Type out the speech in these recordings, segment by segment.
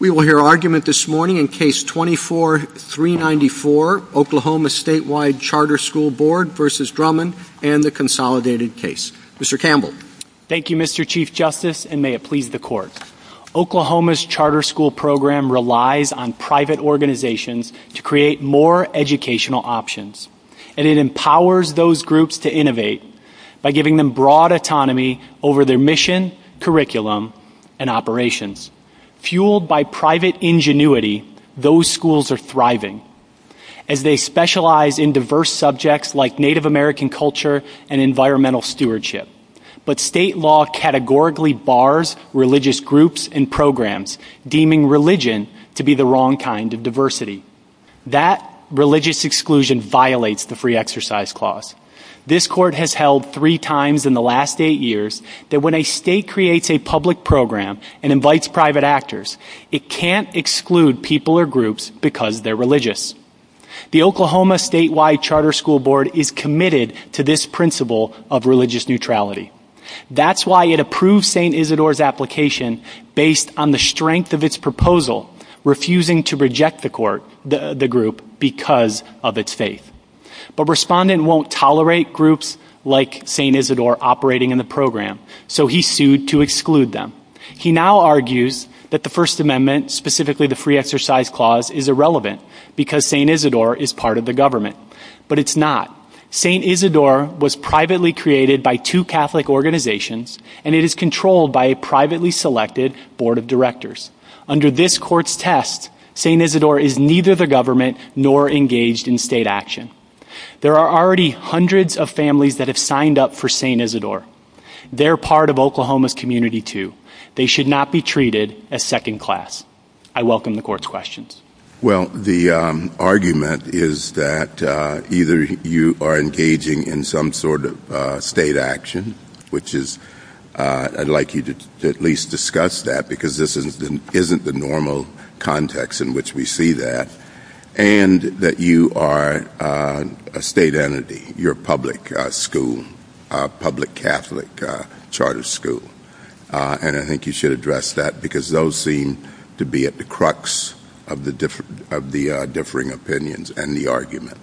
We will hear argument this morning in Case 24-394, Oklahoma Statewide Charter School Board v. Drummond and the Consolidated Case. Mr. Campbell. Thank you, Mr. Chief Justice, and may it please the Court. Oklahoma's charter school program relies on private organizations to create more educational options, and it empowers those groups to innovate by giving them broad autonomy over their mission, curriculum, and operations. Fueled by private ingenuity, those schools are thriving, as they specialize in diverse subjects like Native American culture and environmental stewardship. But state law categorically bars religious groups and programs, deeming religion to be the wrong kind of diversity. That religious exclusion violates the Free Exercise Clause. This Court has held three times in the last eight years that when a state creates a public program and invites private actors, it can't exclude people or groups because they're religious. The Oklahoma Statewide Charter School Board is committed to this principle of religious neutrality. That's why it approved St. Isidore's application based on the strength of its proposal, refusing to reject the group because of its faith. But Respondent won't tolerate groups like St. Isidore operating in the program, so he sued to exclude them. He now argues that the First Amendment, specifically the Free Exercise Clause, is irrelevant because St. Isidore is part of the government. But it's not. St. Isidore was privately created by two Catholic organizations, and it is controlled by a privately selected Board of Directors. Under this Court's test, St. Isidore is neither the government nor engaged in state action. There are already hundreds of families that have signed up for St. Isidore. They're part of Oklahoma's community, too. They should not be treated as second class. I welcome the Court's questions. Well, the argument is that either you are engaging in some sort of state action, which is, I'd like you to at least discuss that because this isn't the normal context in which we see that, and that you are a state entity, you're a public school, a public Catholic charter school. And I think you should address that because those seem to be at the crux of the differing opinions and the argument.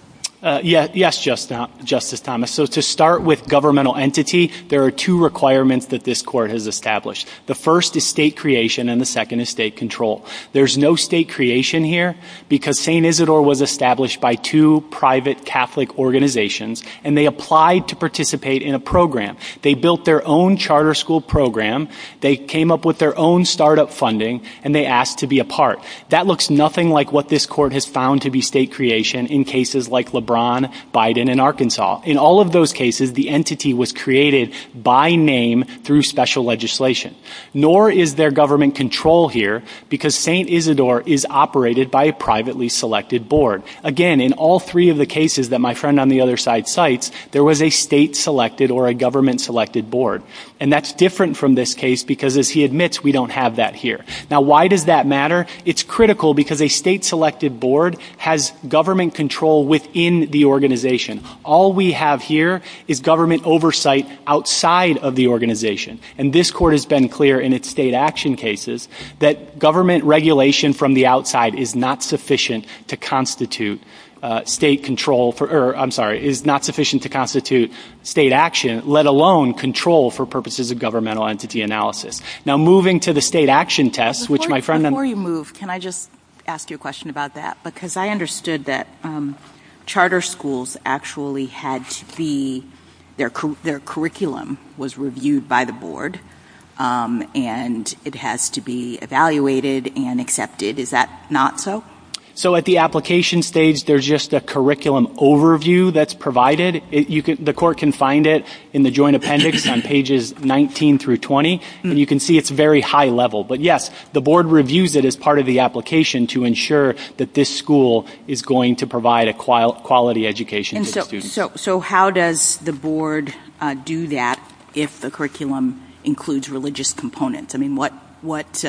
Yes, Justice Thomas. So to start with governmental entity, there are two requirements that this Court has established. The first is state creation, and the second is state control. There's no state creation here because St. Isidore was established by two private Catholic organizations, and they applied to participate in a program. They built their own charter school program, they came up with their own startup funding, and they asked to be a part. That looks nothing like what this Court has found to be state creation in cases like LeBron, Biden, and Arkansas. In all of those cases, the entity was created by name through special legislation. Nor is there government control here because St. Isidore is operated by a privately selected board. Again, in all three of the cases that my friend on the other side cites, there was a state-selected or a government-selected board. And that's different from this case because, as he admits, we don't have that here. Now, why does that matter? It's critical because a state-selected board has government control within the organization. All we have here is government oversight outside of the organization. And this Court has been clear in its state action cases that government regulation from the outside is not sufficient to constitute state action, let alone control for purposes of governmental entity analysis. Now, moving to the state action test, which my friend... Before you move, can I just ask you a question about that? Because I understood that charter schools actually had the... their curriculum was reviewed by the board, and it has to be evaluated and accepted. Is that not so? So, at the application stage, there's just a curriculum overview that's provided. The Court can find it in the joint appendix on pages 19 through 20. And you can see it's very high level. But, yes, the board reviews it as part of the application to ensure that this school is going to provide a quality education to students. So how does the board do that if the curriculum includes religious components? I mean, what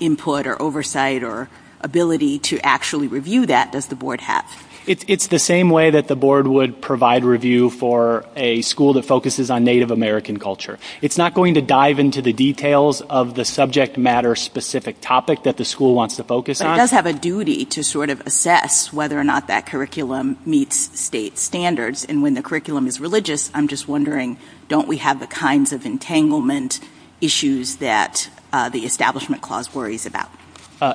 input or oversight or ability to actually review that does the board have? It's the same way that the board would provide review for a school that focuses on Native American culture. It's not going to dive into the details of the subject matter-specific topic that the school wants to focus on. But it does have a duty to sort of assess whether or not that curriculum meets state standards. And when the curriculum is religious, I'm just wondering, don't we have the kinds of entanglement issues that the Establishment Clause worries about?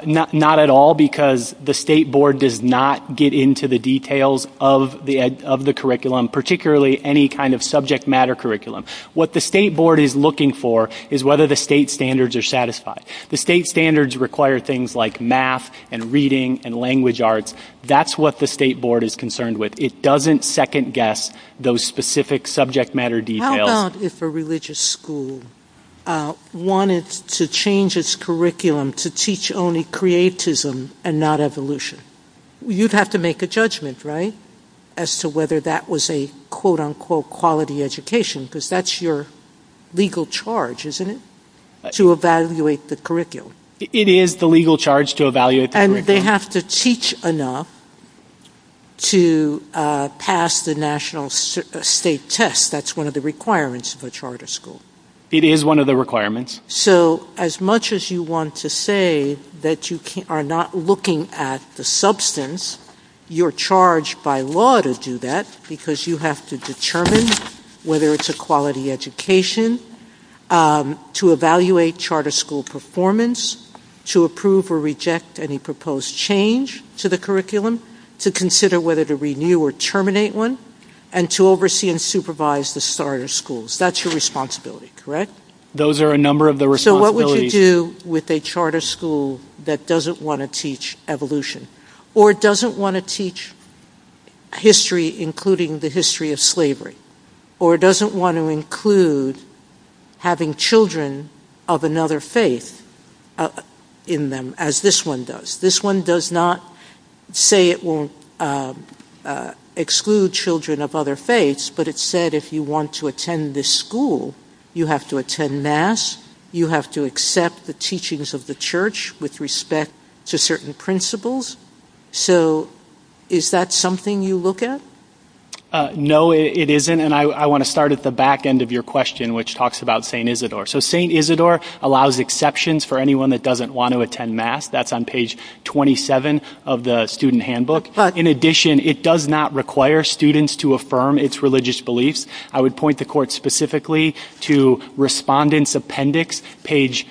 Not at all, because the state board does not get into the details of the curriculum, particularly any kind of subject matter curriculum. What the state board is looking for is whether the state standards are satisfied. The state standards require things like math and reading and language arts. That's what the state board is concerned with. It doesn't second-guess those specific subject matter details. How about if a religious school wanted to change its curriculum to teach only creatism and not evolution? You'd have to make a judgment, right, as to whether that was a quote-unquote quality education, because that's your legal charge, isn't it, to evaluate the curriculum? It is the legal charge to evaluate the curriculum. And they have to teach enough to pass the national state test. That's one of the requirements of a charter school. It is one of the requirements. So as much as you want to say that you are not looking at the substance, you're charged by law to do that, because you have to determine whether it's a quality education, to evaluate charter school performance, to approve or reject any proposed change to the curriculum, to consider whether to renew or terminate one, and to oversee and supervise the starter schools. That's your responsibility, correct? Those are a number of the responsibilities. So what would you do with a charter school that doesn't want to teach evolution, or doesn't want to teach history including the history of slavery, or doesn't want to include having children of another faith in them, as this one does? This one does not say it will exclude children of other faiths, but it said if you want to attend this school, you have to attend mass, you have to accept the teachings of the church with respect to certain principles. So is that something you look at? No, it isn't, and I want to start at the back end of your question, which talks about St. Isidore. So St. Isidore allows exceptions for anyone that doesn't want to attend mass. That's on page 27 of the student handbook. In addition, it does not require students to affirm its religious beliefs. I would point the court specifically to respondent's appendix, page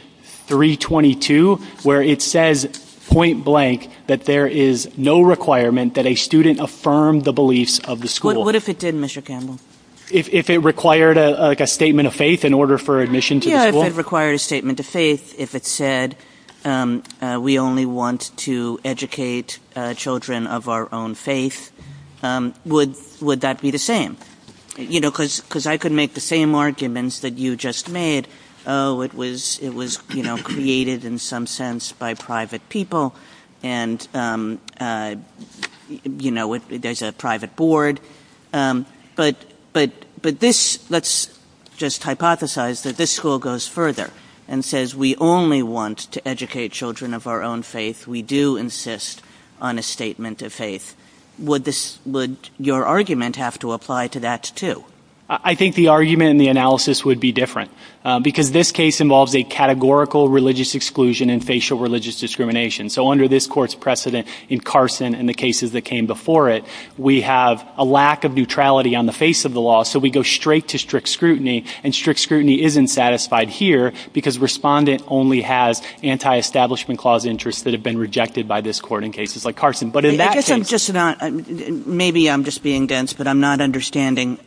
322, where it says point blank that there is no requirement that a student affirm the beliefs of the school. What if it didn't, Mr. Campbell? If it required a statement of faith in order for admission to the school? Yeah, if it required a statement of faith, if it said we only want to educate children of our own faith, would that be the same? Because I could make the same arguments that you just made. Oh, it was created in some sense by private people, and there's a private board. But let's just hypothesize that this school goes further and says we only want to educate children of our own faith. We do insist on a statement of faith. Would your argument have to apply to that, too? I think the argument and the analysis would be different. Because this case involves a categorical religious exclusion and facial religious discrimination. So under this court's precedent in Carson and the cases that came before it, we have a lack of neutrality on the face of the law. So we go straight to strict scrutiny, and strict scrutiny isn't satisfied here because respondent only has anti-establishment clause interests that have been rejected by this court in cases like Carson. Maybe I'm just being dense, but I'm not understanding.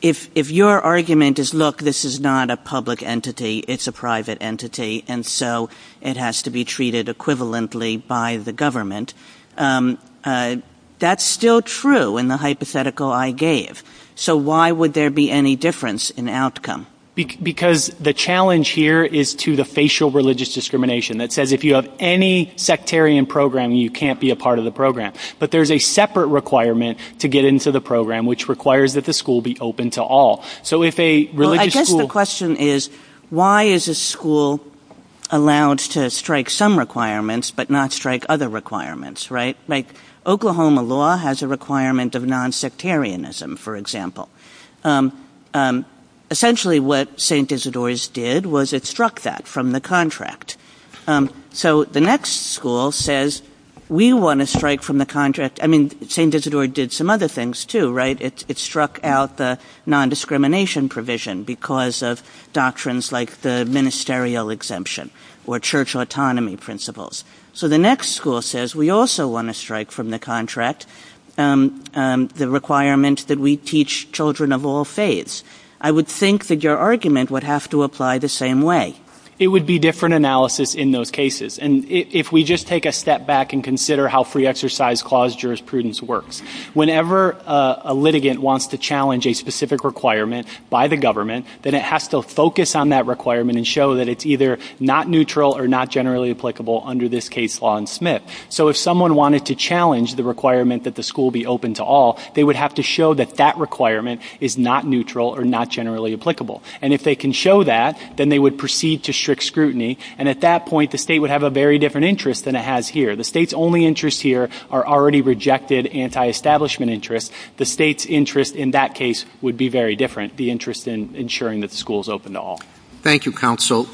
If your argument is, look, this is not a public entity, it's a private entity, and so it has to be treated equivalently by the government, that's still true in the hypothetical I gave. So why would there be any difference in the outcome? Because the challenge here is to the facial religious discrimination that says if you have any sectarian program, you can't be a part of the program. But there's a separate requirement to get into the program, which requires that the school be open to all. I guess the question is, why is a school allowed to strike some requirements, but not strike other requirements, right? Oklahoma law has a requirement of non-sectarianism, for example. Essentially what St. Isidore's did was it struck that from the contract. So the next school says, we want to strike from the contract. I mean, St. Isidore did some other things too, right? It struck out the non-discrimination provision because of doctrines like the ministerial exemption or church autonomy principles. So the next school says, we also want to strike from the contract the requirement that we teach children of all faiths. I would think that your argument would have to apply the same way. It would be different analysis in those cases. And if we just take a step back and consider how free exercise clause jurisprudence works, whenever a litigant wants to challenge a specific requirement by the government, then it has to focus on that requirement and show that it's either not neutral or not generally applicable under this case law in Smith. So if someone wanted to challenge the requirement that the school be open to all, they would have to show that that requirement is not neutral or not generally applicable. And if they can show that, then they would proceed to strict scrutiny. And at that point, the state would have a very different interest than it has here. The state's only interest here are already rejected anti-establishment interests. The state's interest in that case would be very different, the interest in ensuring that the school is open to all. Thank you, counsel.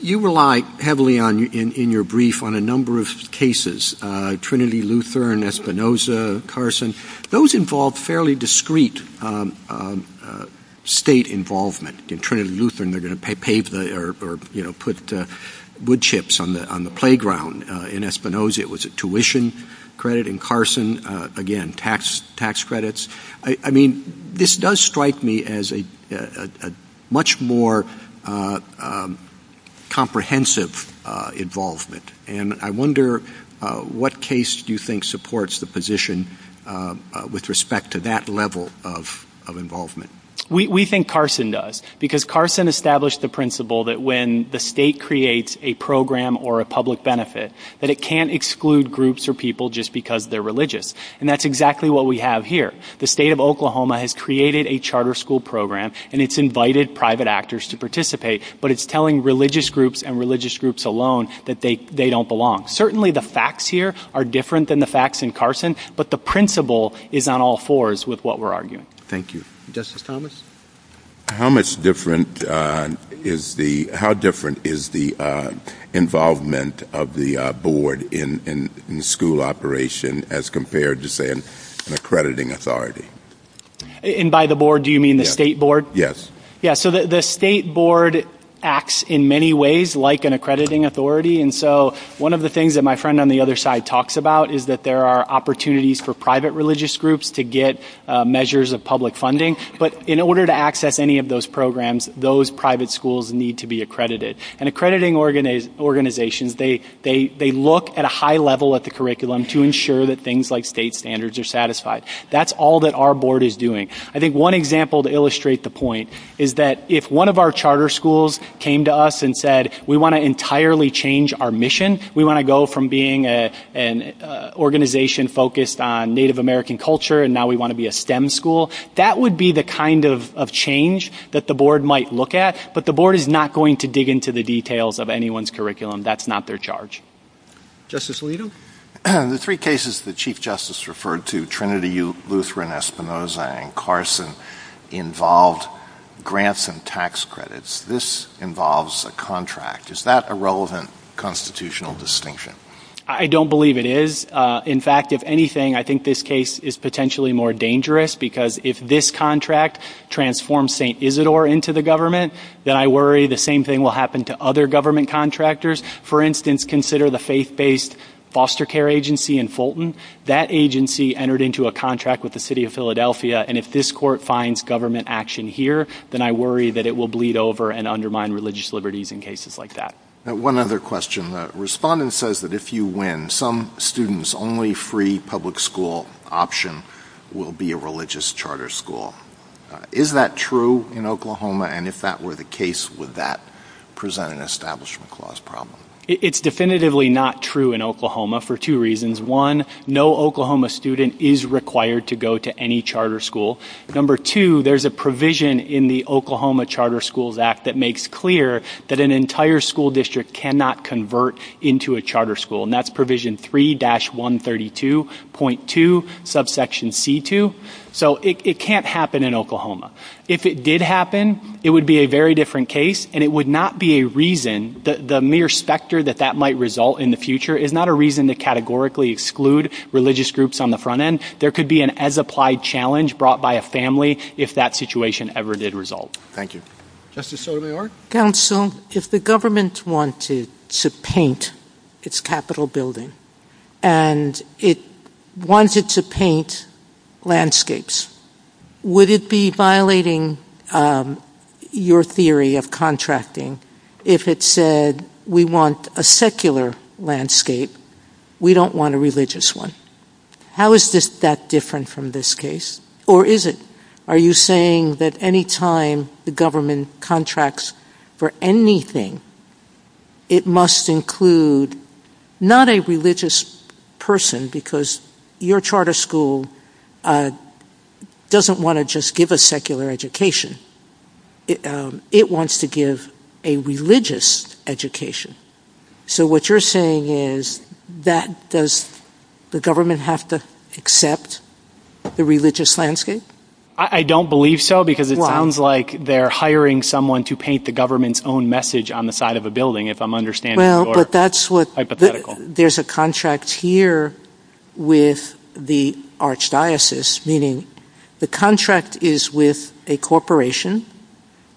You rely heavily in your brief on a number of cases, Trinity Lutheran, Espinosa, Carson. Those involve fairly discreet state involvement. In Trinity Lutheran, they're going to pave or put wood chips on the playground. In Espinosa, it was a tuition credit. In Carson, again, tax credits. I mean, this does strike me as a much more comprehensive involvement. And I wonder what case do you think supports the position with respect to that level of involvement? We think Carson does, because Carson established the principle that when the state creates a program or a public benefit, that it can't exclude groups or people just because they're religious. And that's exactly what we have here. The state of Oklahoma has created a charter school program, and it's invited private actors to participate, but it's telling religious groups and religious groups alone that they don't belong. Certainly the facts here are different than the facts in Carson, but the principle is not all fours with what we're arguing. Thank you. Justice Thomas? How different is the involvement of the board in the school operation as compared to, say, an accrediting authority? And by the board, do you mean the state board? Yes. Yeah, so the state board acts in many ways like an accrediting authority, and so one of the things that my friend on the other side talks about is that there are opportunities for private religious groups to get measures of public funding. But in order to access any of those programs, those private schools need to be accredited. And accrediting organizations, they look at a high level at the curriculum to ensure that things like state standards are satisfied. That's all that our board is doing. I think one example to illustrate the point is that if one of our charter schools came to us and said we want to entirely change our mission, we want to go from being an organization focused on Native American culture and now we want to be a STEM school, that would be the kind of change that the board might look at. But the board is not going to dig into the details of anyone's curriculum. That's not their charge. Justice Leito? The three cases that Chief Justice referred to, Trinity, Lutheran, Espinoza, and Carson, involved grants and tax credits. This involves a contract. Is that a relevant constitutional distinction? I don't believe it is. In fact, if anything, I think this case is potentially more dangerous because if this contract transforms St. Isidore into the government, then I worry the same thing will happen to other government contractors. For instance, consider the faith-based foster care agency in Fulton. That agency entered into a contract with the city of Philadelphia, and if this court finds government action here, then I worry that it will bleed over and undermine religious liberties in cases like that. One other question. The respondent says that if you win, then some students' only free public school option will be a religious charter school. Is that true in Oklahoma? And if that were the case, would that present an Establishment Clause problem? It's definitively not true in Oklahoma for two reasons. One, no Oklahoma student is required to go to any charter school. Number two, there's a provision in the Oklahoma Charter Schools Act that makes clear that an entire school district cannot convert into a charter school, and that's Provision 3-132.2, Subsection C-2. So it can't happen in Oklahoma. If it did happen, it would be a very different case, and it would not be a reason, the mere specter that that might result in the future, is not a reason to categorically exclude religious groups on the front end. There could be an as-applied challenge brought by a family if that situation ever did result. Thank you. Justice Sotomayor? Counsel, if the government wanted to paint its Capitol building, and it wanted to paint landscapes, would it be violating your theory of contracting if it said, we want a secular landscape, we don't want a religious one? How is this that different from this case, or is it? Are you saying that any time the government contracts for anything, it must include not a religious person, because your charter school doesn't want to just give a secular education. It wants to give a religious education. So what you're saying is, does the government have to accept the religious landscape? I don't believe so, because it sounds like they're hiring someone to paint the government's own message on the side of a building, if I'm understanding your hypothetical. There's a contract here with the archdiocese, meaning the contract is with a corporation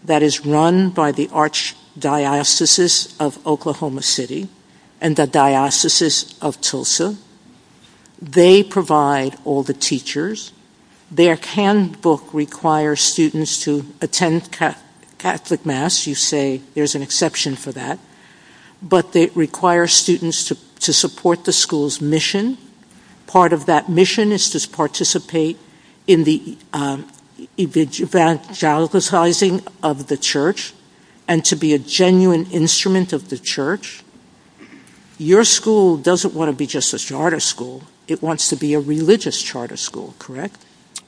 that is run by the archdiocese of Oklahoma City, and the diocese of Tulsa. They provide all the teachers. Their handbook requires students to attend Catholic Mass. You say there's an exception for that. But they require students to support the school's mission. Part of that mission is to participate in the evangelizing of the church, and to be a genuine instrument of the church. Your school doesn't want to be just a charter school. It wants to be a religious charter school, correct?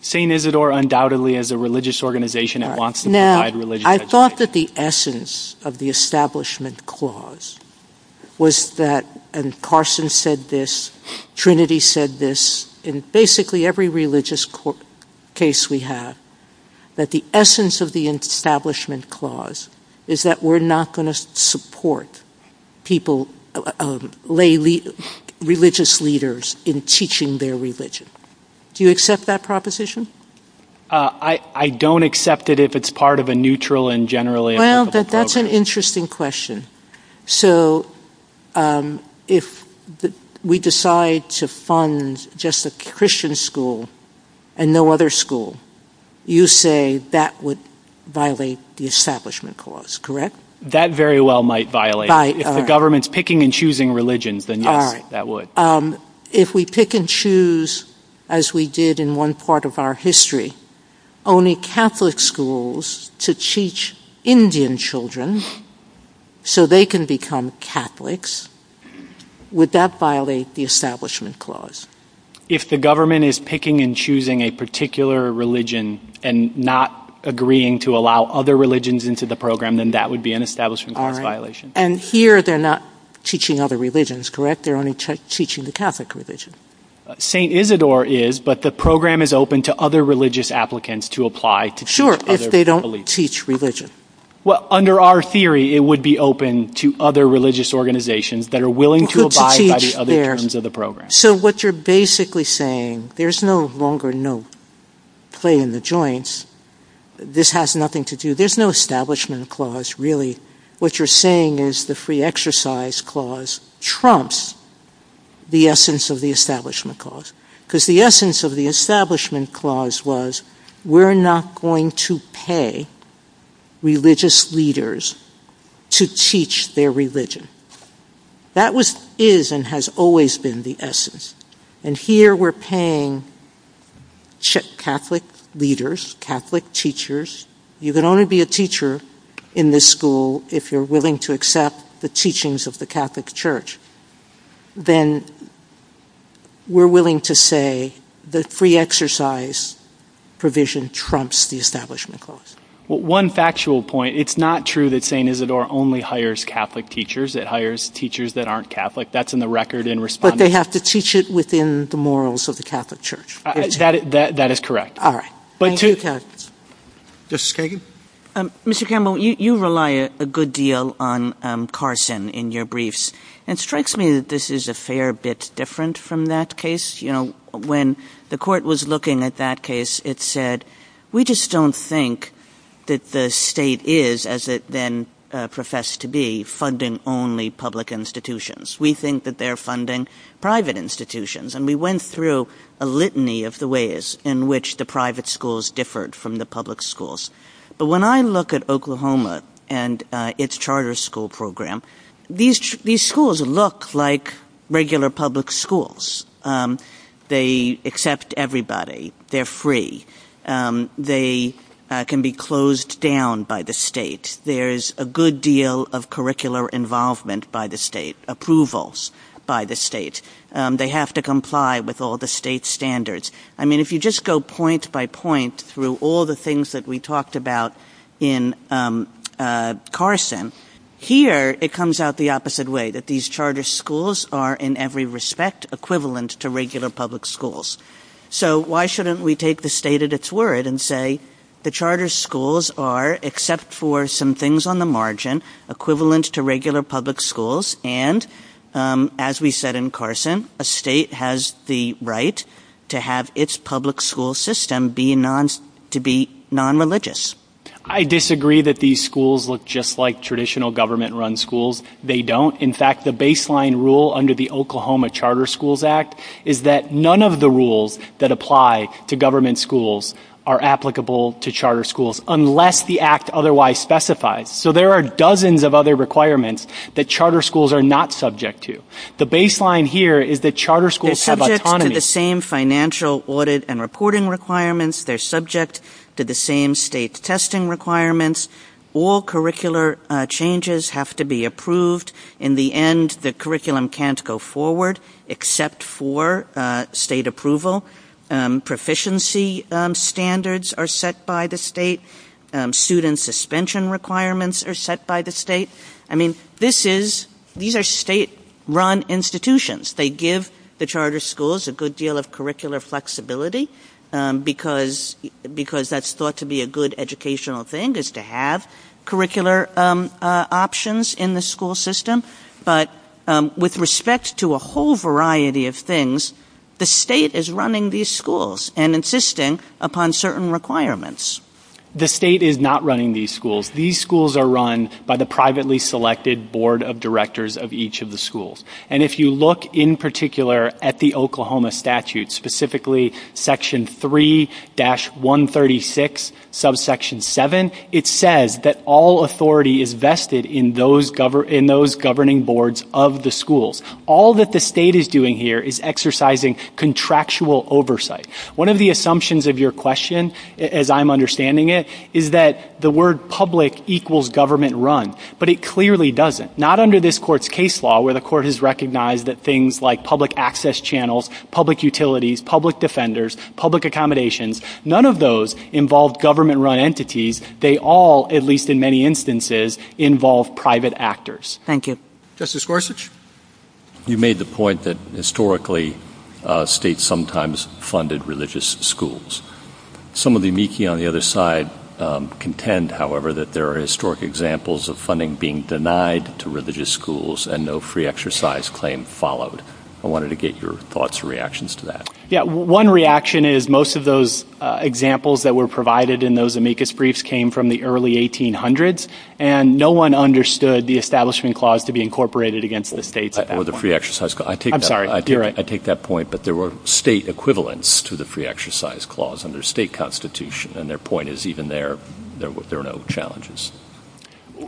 St. Isidore undoubtedly is a religious organization. It wants to provide religious education. I thought that the essence of the establishment clause was that, and Carson said this, Trinity said this, in basically every religious case we have, that the essence of the establishment clause is that we're not going to support religious leaders in teaching their religion. Do you accept that proposition? I don't accept it if it's part of a neutral and generally acceptable program. Well, that's an interesting question. So if we decide to fund just a Christian school and no other school, you say that would violate the establishment clause, correct? That very well might violate it. If the government's picking and choosing religions, then that would. If we pick and choose, as we did in one part of our history, only Catholic schools to teach Indian children so they can become Catholics, would that violate the establishment clause? If the government is picking and choosing a particular religion and not agreeing to allow other religions into the program, then that would be an establishment clause violation. And here they're not teaching other religions, correct? They're only teaching the Catholic religion. St. Isidore is, but the program is open to other religious applicants to apply to teach other religions. Sure, if they don't teach religion. Well, under our theory, it would be open to other religious organizations that are willing to abide by the other terms of the program. So what you're basically saying, there's no longer no play in the joints, this has nothing to do, there's no establishment clause really. What you're saying is the free exercise clause trumps the essence of the establishment clause. Because the essence of the establishment clause was we're not going to pay religious leaders to teach their religion. That is and has always been the essence. And here we're paying Catholic leaders, Catholic teachers. You can only be a teacher in this school if you're willing to accept the teachings of the Catholic church. Then we're willing to say the free exercise provision trumps the establishment clause. One factual point, it's not true that St. Isidore only hires Catholic teachers, it hires teachers that aren't Catholic. That's in the record in response. But they have to teach it within the morals of the Catholic church. That is correct. All right. Justice Kagan? Mr. Campbell, you rely a good deal on Carson in your briefs. It strikes me that this is a fair bit different from that case. When the court was looking at that case, it said, we just don't think that the state is, as it then professed to be, funding only public institutions. We think that they're funding private institutions. And we went through a litany of the ways in which the private schools differed from the public schools. But when I look at Oklahoma and its charter school program, these schools look like regular public schools. They accept everybody. They're free. They can be closed down by the state. There's a good deal of curricular involvement by the state, approvals by the state. They have to comply with all the state standards. I mean, if you just go point by point through all the things that we talked about in Carson, here it comes out the opposite way, that these charter schools are, in every respect, equivalent to regular public schools. So why shouldn't we take the state at its word and say the charter schools are, except for some things on the margin, equivalent to regular public schools? And, as we said in Carson, a state has the right to have its public school system to be non-religious. I disagree that these schools look just like traditional government-run schools. They don't. In fact, the baseline rule under the Oklahoma Charter Schools Act is that none of the rules that apply to government schools are applicable to charter schools, unless the act otherwise specifies. So there are dozens of other requirements that charter schools are not subject to. The baseline here is that charter schools have autonomy. They're subject to the same financial audit and reporting requirements. They're subject to the same state testing requirements. All curricular changes have to be approved. In the end, the curriculum can't go forward except for state approval. Proficiency standards are set by the state. Student suspension requirements are set by the state. I mean, these are state-run institutions. They give the charter schools a good deal of curricular flexibility, because that's thought to be a good educational thing, is to have curricular options in the school system. But with respect to a whole variety of things, the state is running these schools and insisting upon certain requirements. The state is not running these schools. These schools are run by the privately selected board of directors of each of the schools. And if you look in particular at the Oklahoma statute, specifically Section 3-136, Subsection 7, it says that all authority is vested in those governing boards of the schools. All that the state is doing here is exercising contractual oversight. One of the assumptions of your question, as I'm understanding it, is that the word public equals government-run, but it clearly doesn't. Not under this court's case law, where the court has recognized that things like public access channels, public utilities, public defenders, public accommodations, none of those involve government-run entities. They all, at least in many instances, involve private actors. Thank you. Justice Gorsuch? You made the point that historically states sometimes funded religious schools. Some of the amici on the other side contend, however, that there are historic examples of funding being denied to religious schools and no free exercise claim followed. I wanted to get your thoughts or reactions to that. Yeah, one reaction is most of those examples that were provided in those amicus briefs came from the early 1800s, and no one understood the Establishment Clause to be incorporated against the state. Or the Free Exercise Clause. I'm sorry. I take that point, but there were state equivalents to the Free Exercise Clause under state constitution, and their point is even there, there are no challenges.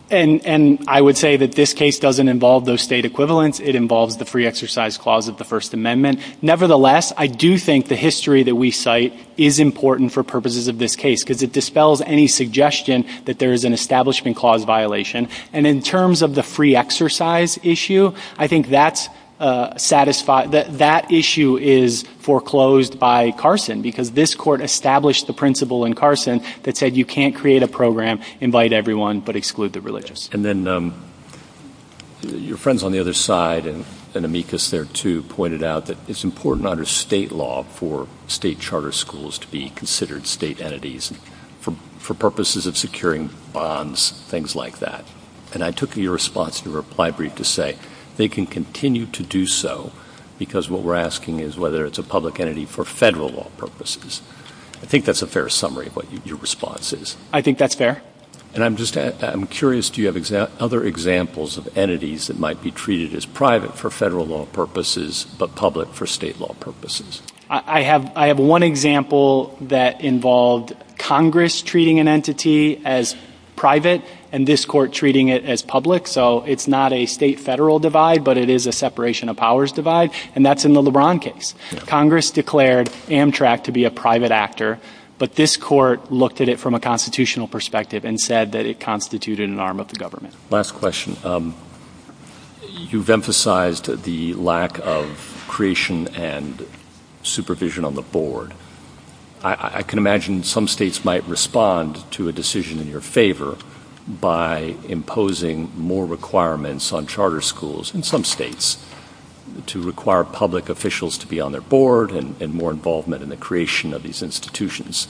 And I would say that this case doesn't involve those state equivalents. It involves the Free Exercise Clause of the First Amendment. Nevertheless, I do think the history that we cite is important for purposes of this case because it dispels any suggestion that there is an Establishment Clause violation. And in terms of the Free Exercise issue, I think that issue is foreclosed by Carson because this court established the principle in Carson that said you can't create a program, invite everyone, but exclude the religious. And then your friends on the other side and amicus there, too, pointed out that it's important under state law for state charter schools to be considered state entities for purposes of securing bonds, things like that. And I took your response in the reply brief to say they can continue to do so because what we're asking is whether it's a public entity for federal law purposes. I think that's a fair summary of what your response is. I think that's fair. And I'm curious, do you have other examples of entities that might be treated as private for federal law purposes but public for state law purposes? I have one example that involved Congress treating an entity as private and this court treating it as public. So it's not a state-federal divide, but it is a separation of powers divide, and that's in the LeBron case. Congress declared Amtrak to be a private actor, but this court looked at it from a constitutional perspective and said that it constituted an arm of the government. Last question. You've emphasized the lack of creation and supervision on the board. I can imagine some states might respond to a decision in your favor by imposing more requirements on charter schools in some states to require public officials to be on their board and more involvement in the creation of these institutions.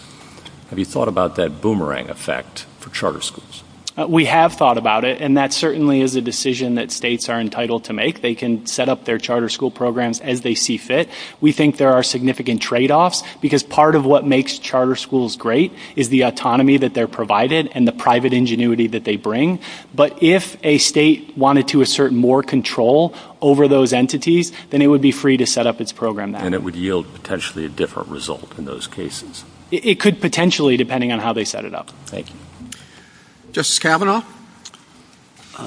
Have you thought about that boomerang effect for charter schools? We have thought about it, and that certainly is a decision that states are entitled to make. They can set up their charter school programs as they see fit. We think there are significant tradeoffs because part of what makes charter schools great is the autonomy that they're provided and the private ingenuity that they bring. But if a state wanted to assert more control over those entities, then it would be free to set up its program that way. And it would yield potentially a different result in those cases. It could potentially, depending on how they set it up. Thank you. Justice Kavanaugh?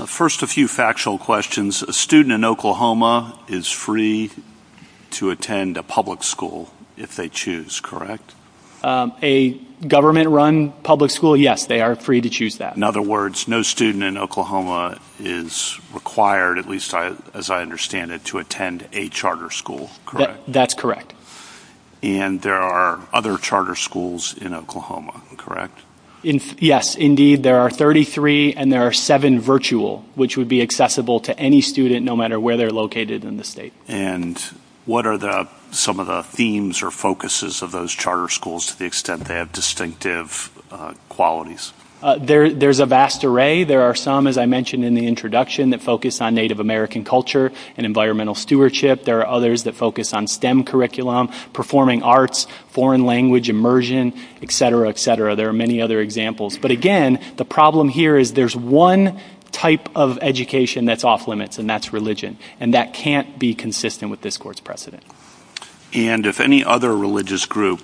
First, a few factual questions. A student in Oklahoma is free to attend a public school if they choose, correct? A government-run public school, yes, they are free to choose that. In other words, no student in Oklahoma is required, at least as I understand it, to attend a charter school, correct? That's correct. And there are other charter schools in Oklahoma, correct? Yes, indeed. There are 33 and there are seven virtual, which would be accessible to any student no matter where they're located in the state. And what are some of the themes or focuses of those charter schools to the extent they have distinctive qualities? There's a vast array. There are some, as I mentioned in the introduction, that focus on Native American culture and environmental stewardship. There are others that focus on STEM curriculum, performing arts, foreign language immersion, et cetera, et cetera. There are many other examples. But again, the problem here is there's one type of education that's off-limits, and that's religion. And that can't be consistent with this court's precedent. And if any other religious group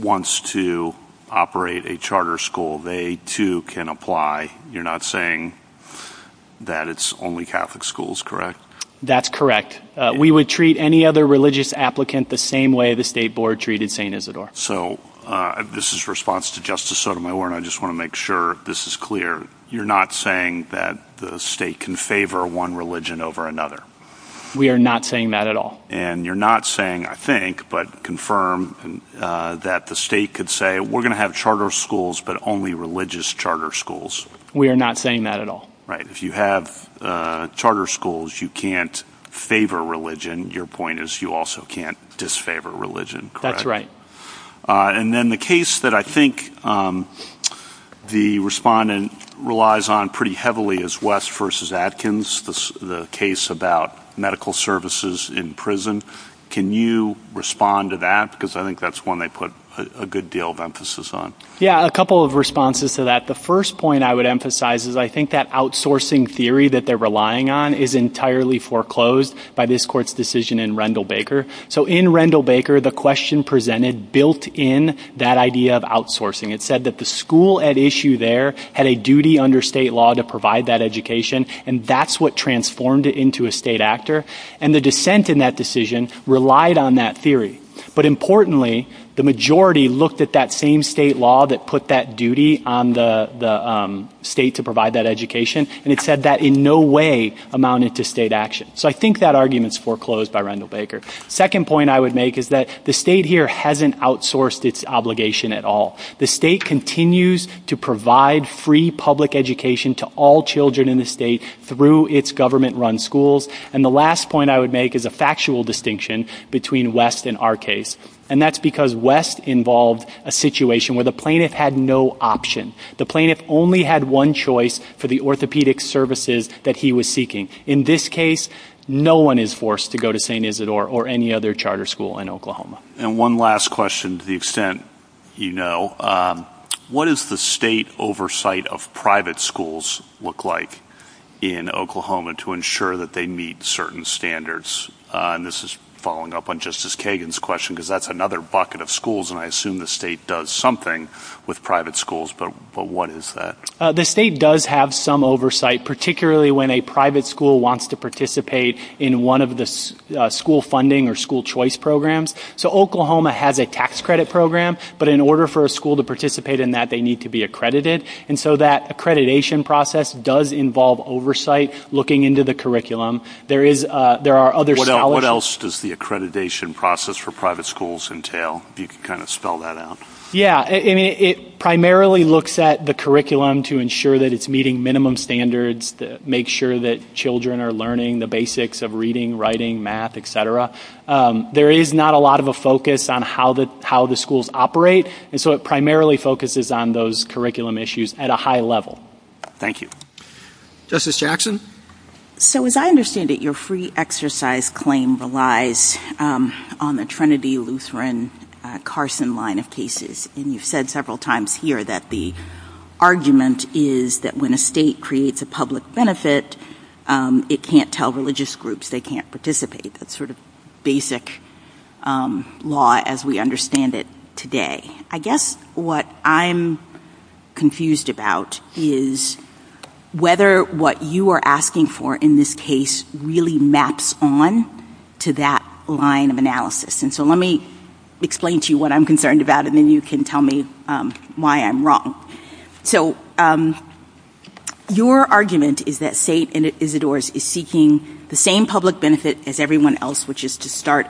wants to operate a charter school, they too can apply. You're not saying that it's only Catholic schools, correct? That's correct. We would treat any other religious applicant the same way the state board treated St. So this is a response to Justice Sotomayor, and I just want to make sure this is clear. You're not saying that the state can favor one religion over another? We are not saying that at all. And you're not saying, I think, but confirm that the state could say we're going to have charter schools but only religious charter schools? We are not saying that at all. Right. If you have charter schools, you can't favor religion. Your point is you also can't disfavor religion, correct? That's right. And then the case that I think the respondent relies on pretty heavily is West v. Atkins, the case about medical services in prison. Can you respond to that? Because I think that's one they put a good deal of emphasis on. Yeah, a couple of responses to that. The first point I would emphasize is I think that outsourcing theory that they're relying on is entirely foreclosed by this court's decision in Rendall-Baker. So in Rendall-Baker, the question presented built in that idea of outsourcing. It said that the school at issue there had a duty under state law to provide that education, and that's what transformed it into a state actor. And the dissent in that decision relied on that theory. But importantly, the majority looked at that same state law that put that duty on the state to provide that education, and it said that in no way amounted to state action. So I think that argument is foreclosed by Rendall-Baker. Second point I would make is that the state here hasn't outsourced its obligation at all. The state continues to provide free public education to all children in the state through its government-run schools. And the last point I would make is a factual distinction between West and our case, and that's because West involved a situation where the plaintiff had no option. The plaintiff only had one choice for the orthopedic services that he was seeking. In this case, no one is forced to go to St. Isidore or any other charter school in Oklahoma. And one last question to the extent you know. What is the state oversight of private schools look like in Oklahoma to ensure that they meet certain standards? And this is following up on Justice Kagan's question because that's another bucket of schools, and I assume the state does something with private schools, but what is that? The state does have some oversight, particularly when a private school wants to participate in one of the school funding or school choice programs. So Oklahoma has a tax credit program, but in order for a school to participate in that, they need to be accredited. And so that accreditation process does involve oversight looking into the curriculum. What else does the accreditation process for private schools entail? It primarily looks at the curriculum to ensure that it's meeting minimum standards, to make sure that children are learning the basics of reading, writing, math, etc. There is not a lot of a focus on how the schools operate, and so it primarily focuses on those curriculum issues at a high level. Thank you. Justice Jackson? So as I understand it, your free exercise claim relies on the Trinity Lutheran Carson line of cases. And you've said several times here that the argument is that when a state creates a public benefit, it can't tell religious groups they can't participate. That's sort of basic law as we understand it today. I guess what I'm confused about is whether what you are asking for in this case really maps on to that line of analysis. And so let me explain to you what I'm concerned about, and then you can tell me why I'm wrong. So your argument is that St. Isidore's is seeking the same public benefit as everyone else, which is to start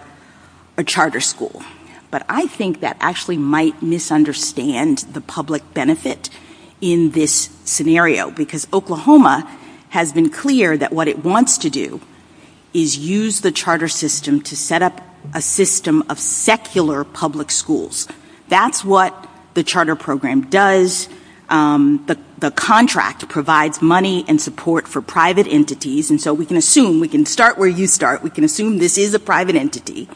a charter school. But I think that actually might misunderstand the public benefit in this scenario, because Oklahoma has been clear that what it wants to do is use the charter system to set up a system of secular public schools. That's what the charter program does. The contract provides money and support for private entities. And so we can assume, we can start where you start, we can assume this is a private entity.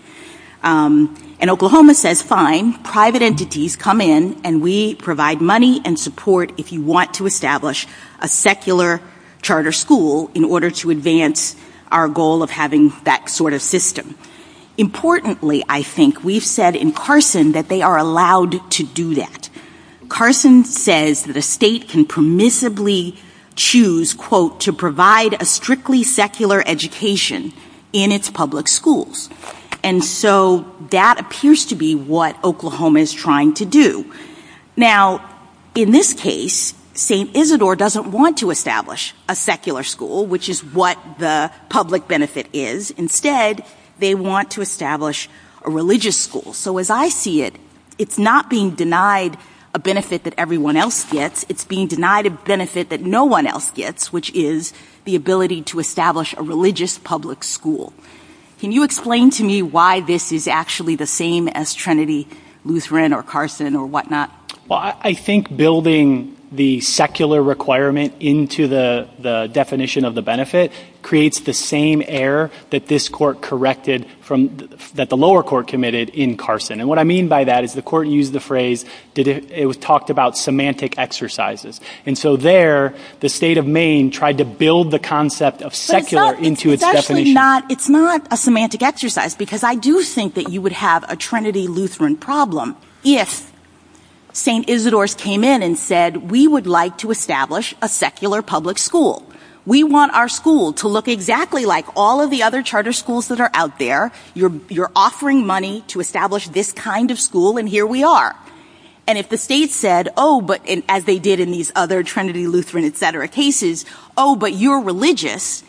And Oklahoma says, fine, private entities come in and we provide money and support if you want to establish a secular charter school in order to advance our goal of having that sort of system. Importantly, I think we've said in Carson that they are allowed to do that. Carson says the state can permissibly choose, quote, to provide a strictly secular education in its public schools. And so that appears to be what Oklahoma is trying to do. Now, in this case, St. Isidore doesn't want to establish a secular school, which is what the public benefit is. Instead, they want to establish a religious school. So as I see it, it's not being denied a benefit that everyone else gets. It's being denied a benefit that no one else gets, which is the ability to establish a religious public school. Can you explain to me why this is actually the same as Trinity Lutheran or Carson or whatnot? Well, I think building the secular requirement into the definition of the benefit creates the same error that this court corrected from, that the lower court committed in Carson. And what I mean by that is the court used the phrase, it was talked about semantic exercises. And so there, the state of Maine tried to build the concept of secular into its definition. It's not a semantic exercise, because I do think that you would have a Trinity Lutheran problem if St. Isidore came in and said, we would like to establish a secular public school. We want our school to look exactly like all of the other charter schools that are out there. You're offering money to establish this kind of school, and here we are. And if the state said, oh, but as they did in these other Trinity Lutheran, et cetera, cases, oh, but you're religious.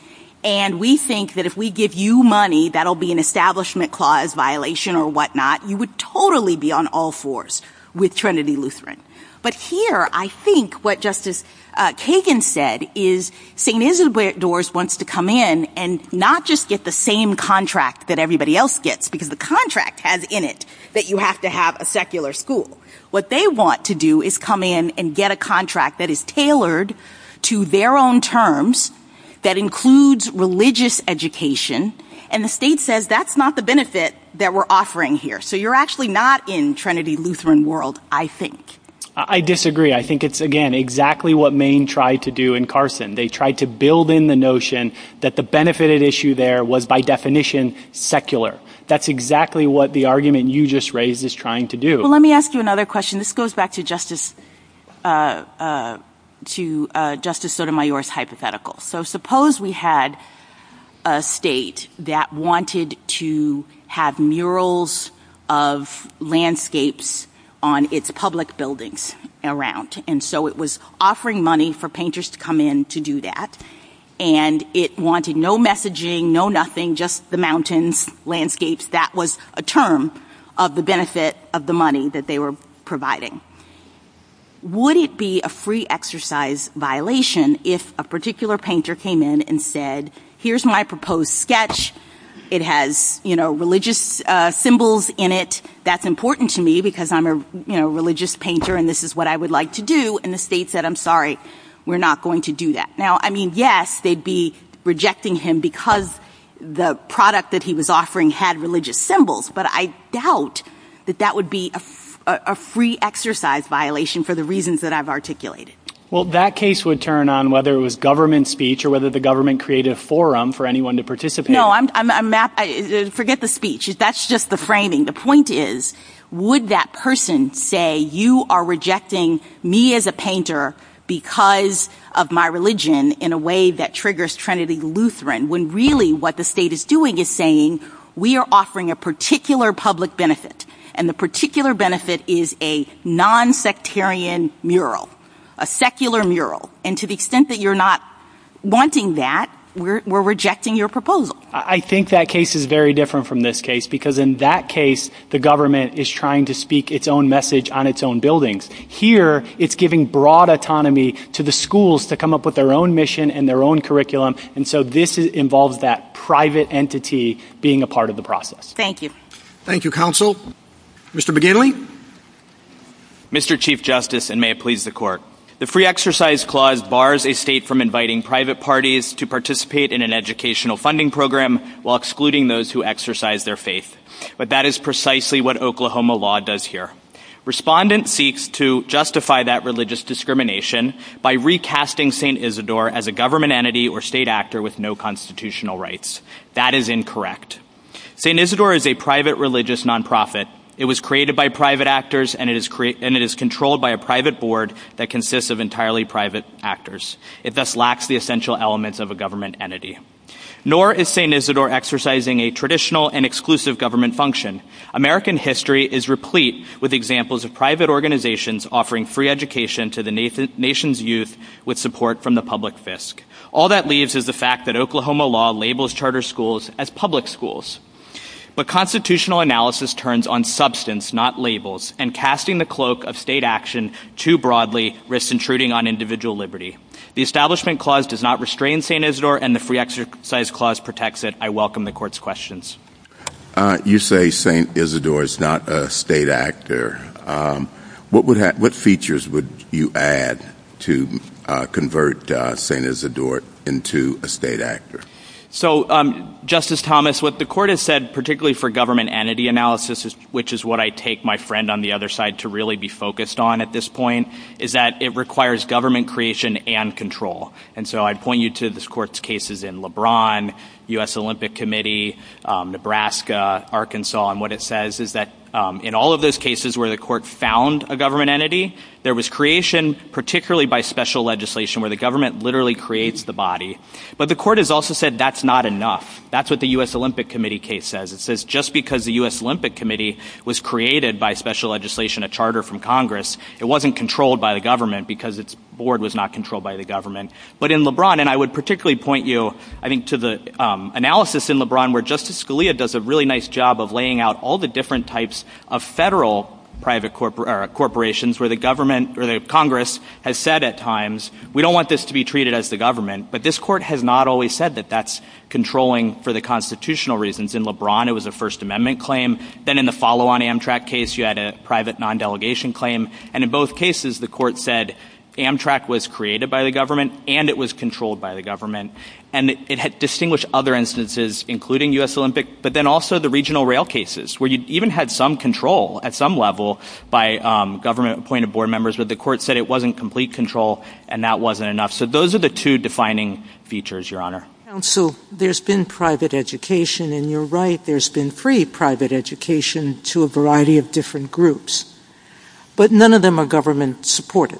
And we think that if we give you money, that'll be an establishment clause violation or whatnot. You would totally be on all fours with Trinity Lutheran. But here, I think what Justice Kagan said is St. Isidore wants to come in and not just get the same contract that everybody else gets, because the contract has in it that you have to have a secular school. What they want to do is come in and get a contract that is tailored to their own terms, that includes religious education. And the state says, that's not the benefit that we're offering here. So you're actually not in Trinity Lutheran world, I think. I disagree. I think it's, again, exactly what Maine tried to do in Carson. They tried to build in the notion that the benefited issue there was, by definition, secular. That's exactly what the argument you just raised is trying to do. Well, let me ask you another question. This goes back to Justice Sotomayor's hypothetical. So suppose we had a state that wanted to have murals of landscapes on its public buildings around. And so it was offering money for painters to come in to do that. And it wanted no messaging, no nothing, just the mountains, landscapes. That was a term of the benefit of the money that they were providing. Would it be a free exercise violation if a particular painter came in and said, here's my proposed sketch. It has religious symbols in it. That's important to me because I'm a religious painter and this is what I would like to do. And the state said, I'm sorry, we're not going to do that. Now, I mean, yes, they'd be rejecting him because the product that he was offering had religious symbols. But I doubt that that would be a free exercise violation for the reasons that I've articulated. Well, that case would turn on whether it was government speech or whether the government created a forum for anyone to participate. No, forget the speech. That's just the framing. The point is, would that person say, you are rejecting me as a painter because of my religion in a way that triggers Trinity Lutheran. When really what the state is doing is saying, we are offering a particular public benefit. And the particular benefit is a nonsectarian mural, a secular mural. And to the extent that you're not wanting that, we're rejecting your proposal. I think that case is very different from this case because in that case, the government is trying to speak its own message on its own buildings. Here, it's giving broad autonomy to the schools to come up with their own mission and their own curriculum. And so this involves that private entity being a part of the process. Thank you. Thank you, counsel. Mr. McGinley. Mr. Chief Justice, and may it please the court. The free exercise clause bars a state from inviting private parties to participate in an educational funding program while excluding those who exercise their faith. But that is precisely what Oklahoma law does here. Respondent seeks to justify that religious discrimination by recasting St. Isidore as a government entity or state actor with no constitutional rights. That is incorrect. St. Isidore is a private religious nonprofit. It was created by private actors, and it is controlled by a private board that consists of entirely private actors. It thus lacks the essential elements of a government entity. Nor is St. Isidore exercising a traditional and exclusive government function. American history is replete with examples of private organizations offering free education to the nation's youth with support from the public fisc. All that leaves is the fact that Oklahoma law labels charter schools as public schools. But constitutional analysis turns on substance, not labels, and casting the cloak of state action too broadly risks intruding on individual liberty. The establishment clause does not restrain St. Isidore, and the free exercise clause protects it. I welcome the court's questions. You say St. Isidore is not a state actor. What features would you add to convert St. Isidore into a state actor? So, Justice Thomas, what the court has said, particularly for government entity analysis, which is what I take my friend on the other side to really be focused on at this point, is that it requires government creation and control. And so I point you to this court's cases in LeBron, U.S. Olympic Committee, Nebraska, Arkansas. And what it says is that in all of those cases where the court found a government entity, there was creation, particularly by special legislation, where the government literally creates the body. But the court has also said that's not enough. That's what the U.S. Olympic Committee case says. It says just because the U.S. Olympic Committee was created by special legislation, a charter from Congress, it wasn't controlled by the government because its board was not controlled by the government. But in LeBron, and I would particularly point you, I think, to the analysis in LeBron where Justice Scalia does a really nice job of laying out all the different types of federal private corporations where the government or the Congress has said at times, we don't want this to be treated as the government. But this court has not always said that that's controlling for the constitutional reasons. In LeBron, it was a First Amendment claim. Then in the follow-on Amtrak case, you had a private non-delegation claim. And in both cases, the court said Amtrak was created by the government and it was controlled by the government. And it had distinguished other instances, including U.S. Olympic, but then also the regional rail cases where you even had some control at some level by government appointed board members, but the court said it wasn't complete control and that wasn't enough. So those are the two defining features, Your Honor. Counsel, there's been private education, and you're right, there's been free private education to a variety of different groups. But none of them are government supported,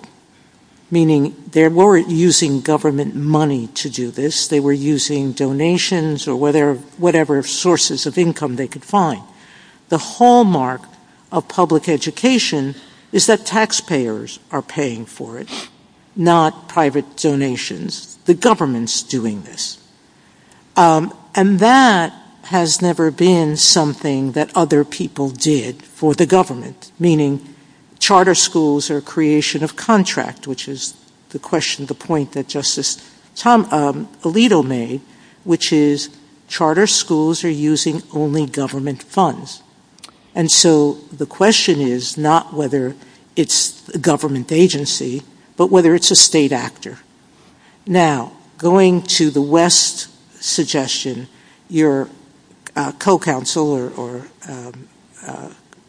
meaning they weren't using government money to do this. They were using donations or whatever sources of income they could find. The hallmark of public education is that taxpayers are paying for it, not private donations. The government's doing this. And that has never been something that other people did for the government, meaning charter schools or creation of contract, which is the question, the point that Justice Alito made, which is charter schools are using only government funds. And so the question is not whether it's a government agency, but whether it's a state actor. Now, going to the West suggestion, your co-counsel or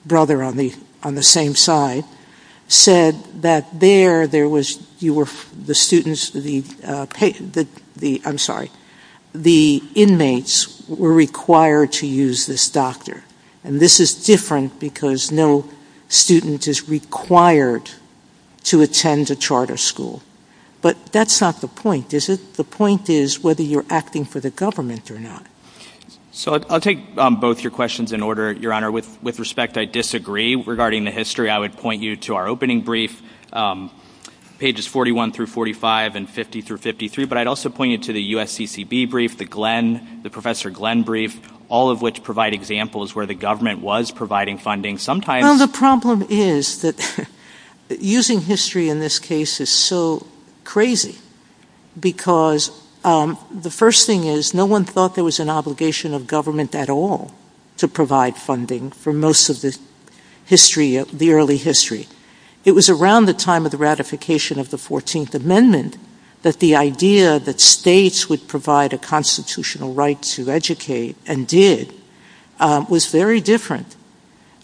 brother on the same side said that there, there was, you were, the students, the, I'm sorry, the inmates were required to use this doctor. And this is different because no student is required to attend a charter school. But that's not the point, is it? The point is whether you're acting for the government or not. So I'll take both your questions in order, Your Honor. With respect, I disagree. Regarding the history, I would point you to our opening brief, pages 41 through 45 and 50 through 53. But I'd also point you to the USCCB brief, the Glenn, the Professor Glenn brief, all of which provide examples where the government was providing funding. Sometimes the problem is that using history in this case is so crazy. Because the first thing is no one thought there was an obligation of government at all to provide funding for most of the history of the early history. It was around the time of the ratification of the 14th Amendment that the idea that states would provide a constitutional right to educate and did was very different.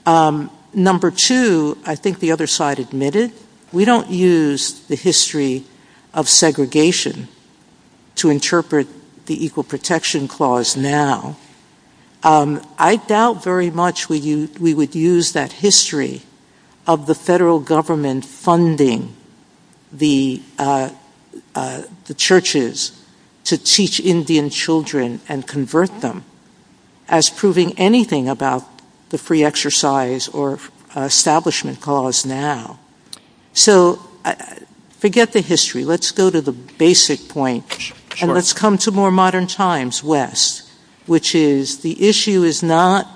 Number two, I think the other side admitted, we don't use the history of segregation to interpret the Equal Protection Clause now. I doubt very much we would use that history of the federal government funding the churches to teach Indian children and convert them as proving anything about the free exercise or establishment clause now. So forget the history. Let's go to the basic point. And let's come to more modern times, West, which is the issue is not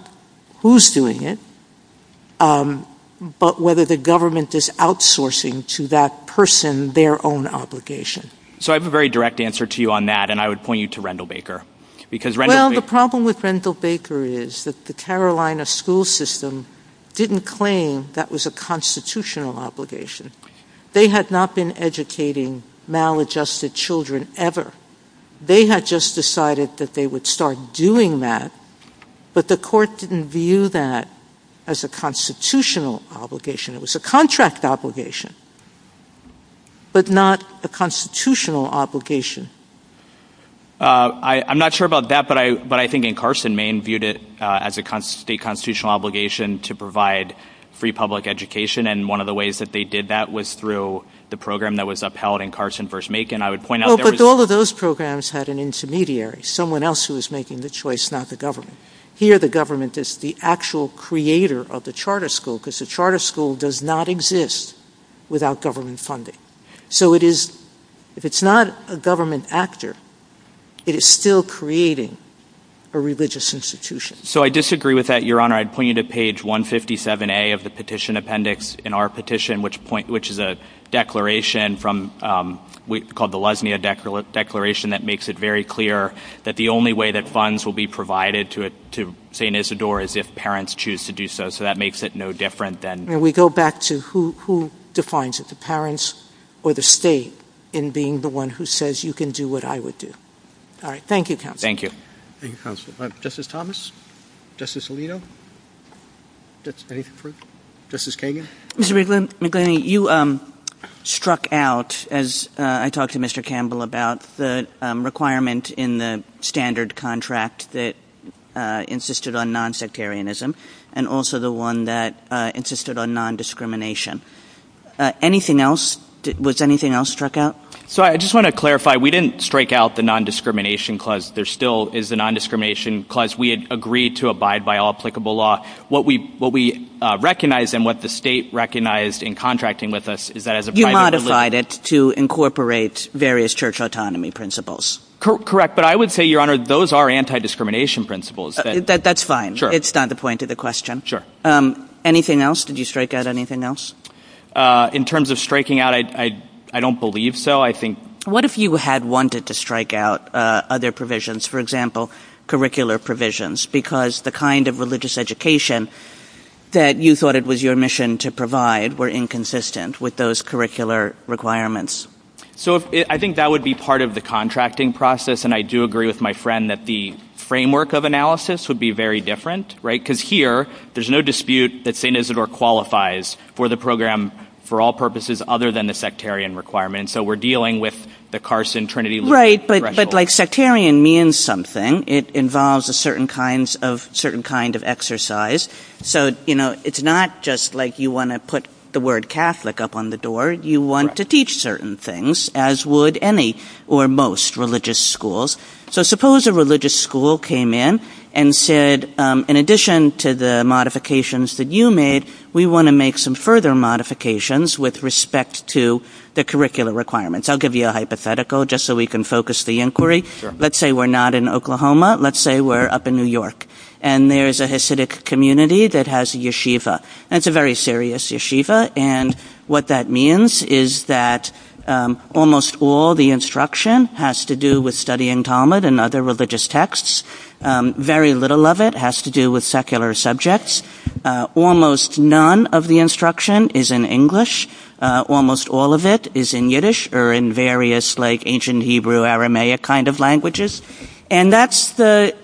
who's doing it, but whether the government is outsourcing to that person their own obligation. So I have a very direct answer to you on that, and I would point you to Rendall Baker. Well, the problem with Rendall Baker is that the Carolina school system didn't claim that was a constitutional obligation. They had not been educating maladjusted children ever. They had just decided that they would start doing that, but the court didn't view that as a constitutional obligation. It was a contract obligation, but not a constitutional obligation. I'm not sure about that, but I think in Carson, Maine viewed it as a constitutional obligation to provide free public education, and one of the ways that they did that was through the program that was upheld in Carson versus Macon. But all of those programs had an intermediary, someone else who was making the choice, not the government. Here, the government is the actual creator of the charter school because the charter school does not exist without government funding. So if it's not a government actor, it is still creating a religious institution. So I disagree with that, Your Honor. I'd point you to page 157A of the petition appendix in our petition, which is a declaration called the Lesnea Declaration that makes it very clear that the only way that funds will be provided to St. Isidore is if parents choose to do so, so that makes it no different than... We go back to who defines it, the parents or the state in being the one who says you can do what I would do. All right. Thank you, counsel. Thank you. Thank you, counsel. Justice Thomas? Justice Alito? Justice Kagan? Mr. McClain, you struck out, as I talked to Mr. Campbell about, the requirement in the standard contract that insisted on nonsectarianism and also the one that insisted on nondiscrimination. Anything else? Was anything else struck out? So I just want to clarify, we didn't strike out the nondiscrimination clause. There still is the nondiscrimination clause. We had agreed to abide by all applicable law. What we recognized and what the state recognized in contracting with us is that as a... You modified it to incorporate various church autonomy principles. Correct, but I would say, Your Honor, those are anti-discrimination principles. That's fine. Sure. It's not the point of the question. Sure. Anything else? Did you strike out anything else? In terms of striking out, I don't believe so. What if you had wanted to strike out other provisions, for example, curricular provisions, because the kind of religious education that you thought it was your mission to provide were inconsistent with those curricular requirements? So I think that would be part of the contracting process, and I do agree with my friend that the framework of analysis would be very different, right? Because here, there's no dispute that St. Isidore qualifies for the program for all purposes other than the sectarian requirement. So we're dealing with the Carson-Trinity... Right, but sectarian means something. It involves a certain kind of exercise. So it's not just like you want to put the word Catholic up on the door. You want to teach certain things, as would any or most religious schools. So suppose a religious school came in and said, in addition to the modifications that you made, we want to make some further modifications with respect to the curricular requirements. I'll give you a hypothetical just so we can focus the inquiry. Let's say we're not in Oklahoma. Let's say we're up in New York, and there's a Hasidic community that has a yeshiva. And it's a very serious yeshiva, and what that means is that almost all the instruction has to do with studying Talmud and other religious texts. Very little of it has to do with secular subjects. Almost none of the instruction is in English. Almost all of it is in Yiddish or in various, like, ancient Hebrew, Aramaic kind of languages. And that's the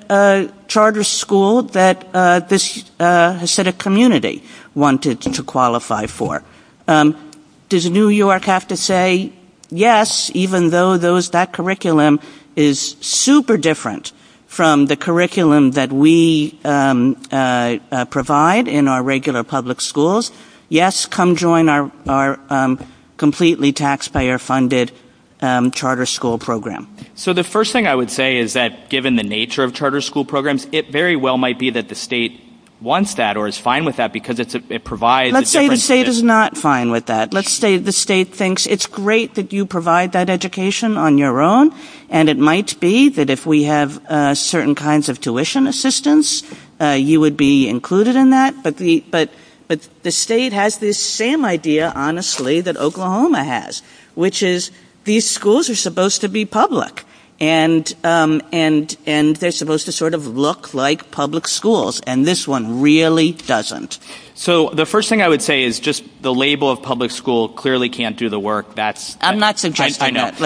charter school that this Hasidic community wanted to qualify for. Does New York have to say, yes, even though that curriculum is super different from the curriculum that we provide in our regular public schools? Yes, come join our completely taxpayer-funded charter school program. So the first thing I would say is that, given the nature of charter school programs, it very well might be that the state wants that or is fine with that because it provides a difference. Let's say the state is not fine with that. Let's say the state thinks it's great that you provide that education on your own, and it might be that if we have certain kinds of tuition assistance, you would be included in that. But the state has this same idea, honestly, that Oklahoma has, which is these schools are supposed to be public. And they're supposed to sort of look like public schools. And this one really doesn't. So the first thing I would say is just the label of public school clearly can't do the work. I'm not suggesting that.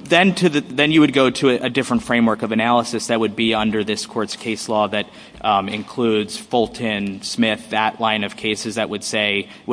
Then you would go to a different framework of analysis that would be under this court's case law that includes Fulton, Smith, that line of cases that would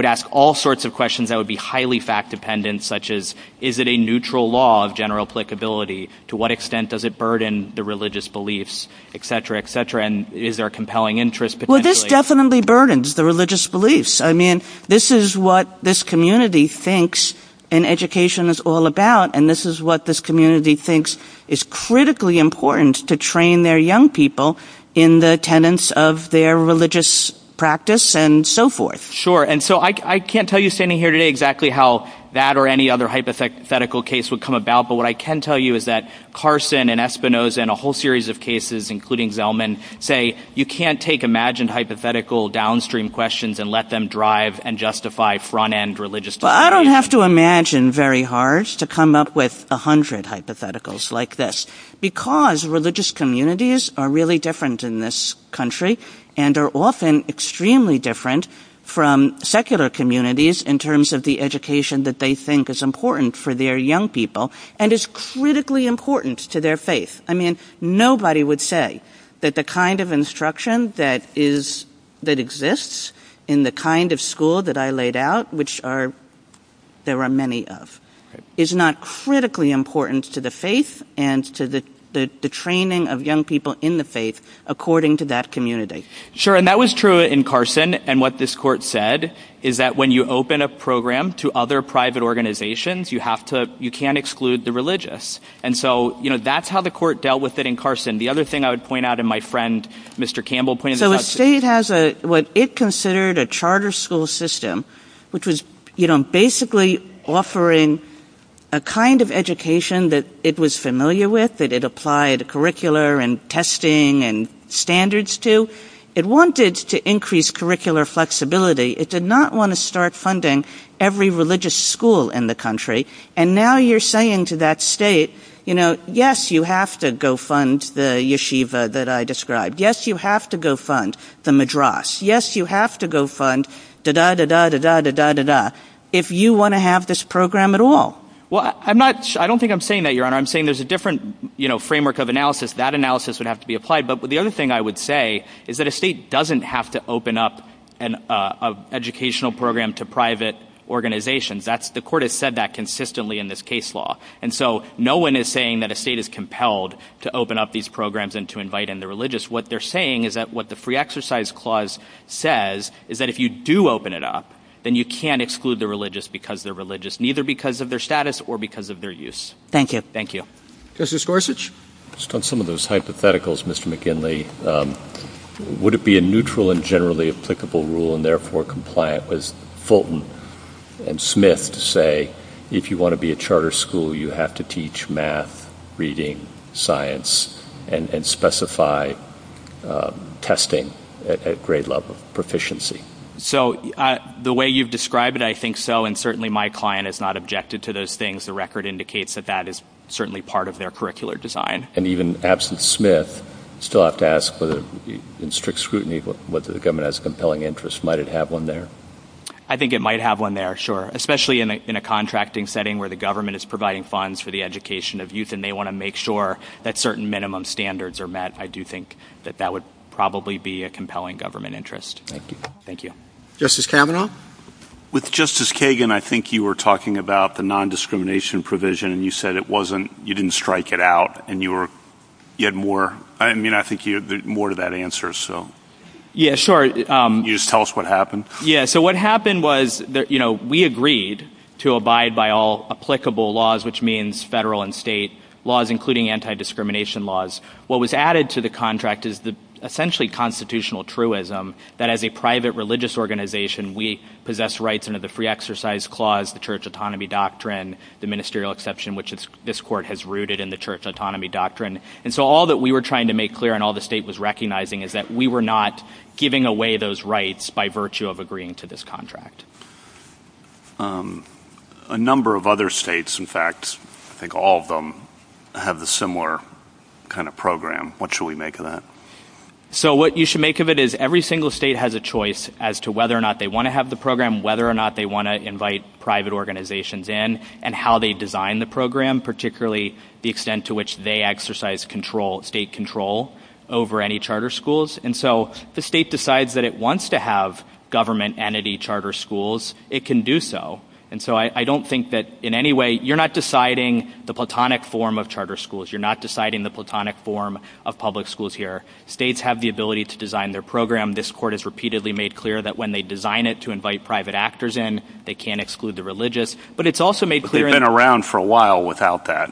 ask all sorts of questions that would be highly fact-dependent, such as is it a neutral law of general applicability? To what extent does it burden the religious beliefs, et cetera, et cetera? And is there a compelling interest potentially? Well, this definitely burdens the religious beliefs. I mean, this is what this community thinks an education is all about, and this is what this community thinks is critically important to train their young people in the tenets of their religious practice and so forth. Sure, and so I can't tell you standing here today exactly how that or any other hypothetical case would come about, but what I can tell you is that Carson and Espinoza and a whole series of cases, including Zellman, say you can't take imagined hypothetical downstream questions and let them drive and justify front-end religious beliefs. Well, I don't have to imagine very hard to come up with a hundred hypotheticals like this because religious communities are really different in this country and are often extremely different from secular communities in terms of the education that they think is important for their young people and is critically important to their faith. I mean, nobody would say that the kind of instruction that exists in the kind of school that I laid out, which there are many of, is not critically important to the faith and to the training of young people in the faith according to that community. Sure, and that was true in Carson, and what this court said is that when you open a program to other private organizations, you can't exclude the religious. And so that's how the court dealt with it in Carson. The other thing I would point out, and my friend Mr. Campbell pointed out... So the state has what it considered a charter school system, which was basically offering a kind of education that it was familiar with, that it applied curricular and testing and standards to. It wanted to increase curricular flexibility. It did not want to start funding every religious school in the country, and now you're saying to that state, you know, yes, you have to go fund the yeshiva that I described. Yes, you have to go fund the madras. Yes, you have to go fund da-da-da-da-da-da-da-da-da if you want to have this program at all. Well, I don't think I'm saying that, Your Honor. I'm saying there's a different framework of analysis. That analysis would have to be applied. But the other thing I would say is that a state doesn't have to open up an educational program to private organizations. The court has said that consistently in this case law. And so no one is saying that a state is compelled to open up these programs and to invite in the religious. What they're saying is that what the free exercise clause says is that if you do open it up, then you can't exclude the religious because they're religious, neither because of their status or because of their use. Thank you. Thank you. Justice Gorsuch? Just on some of those hypotheticals, Mr. McKinley, would it be a neutral and generally applicable rule and therefore compliant with Fulton and Smith to say if you want to be a charter school, you have to teach math, reading, science, and specify testing at grade level proficiency? So the way you've described it, I think so. And certainly my client has not objected to those things. The record indicates that that is certainly part of their curricular design. And even absent Smith, still have to ask in strict scrutiny whether the government has compelling interests. Might it have one there? I think it might have one there, sure, especially in a contracting setting where the government is providing funds for the education of youth and they want to make sure that certain minimum standards are met. I do think that that would probably be a compelling government interest. Thank you. Thank you. Justice Kavanaugh? With Justice Kagan, I think you were talking about the nondiscrimination provision, and you said you didn't strike it out and you had more. I mean, I think there's more to that answer. Yeah, sure. Can you just tell us what happened? Yeah, so what happened was we agreed to abide by all applicable laws, which means federal and state laws, including anti-discrimination laws. What was added to the contract is essentially constitutional truism, that as a private religious organization, we possess rights under the free exercise clause, the church autonomy doctrine, the ministerial exception, which this court has rooted in the church autonomy doctrine. And so all that we were trying to make clear and all the state was recognizing is that we were not giving away those rights by virtue of agreeing to this contract. A number of other states, in fact, I think all of them, have a similar kind of program. What should we make of that? So what you should make of it is every single state has a choice as to whether or not they want to have the program, whether or not they want to invite private organizations in, and how they design the program, particularly the extent to which they exercise state control over any charter schools. And so the state decides that it wants to have government entity charter schools, it can do so. And so I don't think that in any way you're not deciding the platonic form of charter schools. You're not deciding the platonic form of public schools here. States have the ability to design their program. This court has repeatedly made clear that when they design it to invite private actors in, they can't exclude the religious. But it's also made clear- But they've been around for a while without that.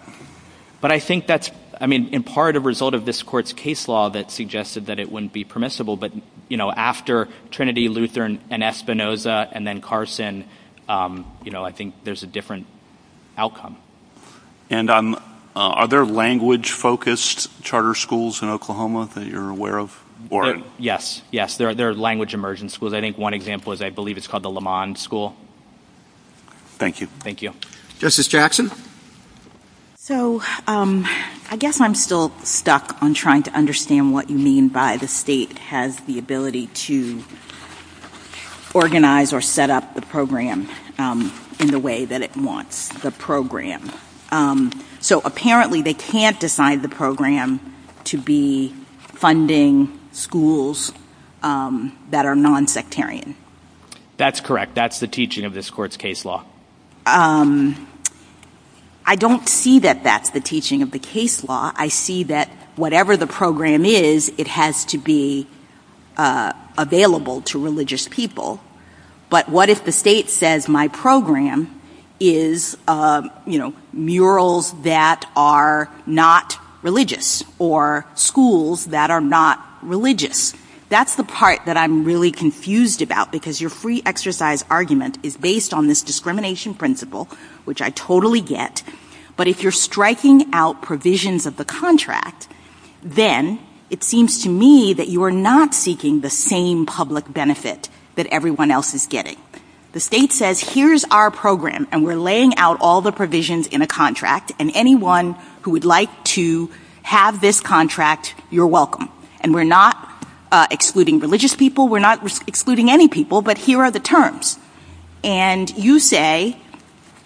But I think that's, I mean, in part a result of this court's case law that suggested that it wouldn't be permissible. But, you know, after Trinity, Lutheran, and Espinoza, and then Carson, you know, I think there's a different outcome. And are there language-focused charter schools in Oklahoma that you're aware of? Yes, yes, there are language immersion schools. I think one example is I believe it's called the Lamond School. Thank you. Thank you. Justice Jackson? So I guess I'm still stuck on trying to understand what you mean by the state has the ability to organize or set up the program in the way that it wants the program. So apparently they can't decide the program to be funding schools that are nonsectarian. That's correct. That's the teaching of this court's case law. I don't see that that's the teaching of the case law. I see that whatever the program is, it has to be available to religious people. But what if the state says my program is, you know, murals that are not religious or schools that are not religious? That's the part that I'm really confused about because your free exercise argument is based on this discrimination principle, which I totally get. But if you're striking out provisions of the contract, then it seems to me that you are not seeking the same public benefit that everyone else is getting. The state says here's our program, and we're laying out all the provisions in a contract, and anyone who would like to have this contract, you're welcome. And we're not excluding religious people. We're not excluding any people. But here are the terms. And you say,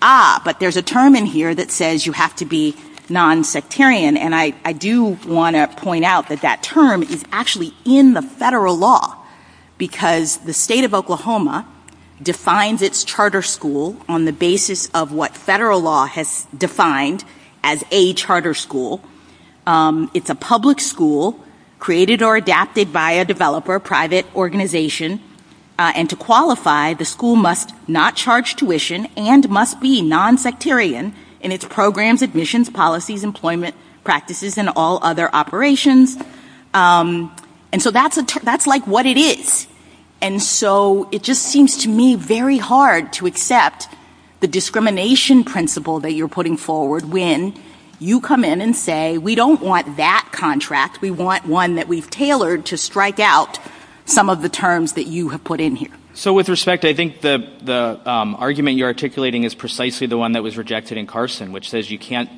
ah, but there's a term in here that says you have to be nonsectarian. And I do want to point out that that term is actually in the federal law because the state of Oklahoma defines its charter school on the basis of what federal law has defined as a charter school. It's a public school created or adapted by a developer, private organization. And to qualify, the school must not charge tuition and must be nonsectarian in its programs, admissions, policies, employment practices, and all other operations. And so that's like what it is. And so it just seems to me very hard to accept the discrimination principle that you're putting forward when you come in and say we don't want that contract. We want one that we've tailored to strike out some of the terms that you have put in here. So with respect, I think the argument you're articulating is precisely the one that was rejected in Carson, which says you can't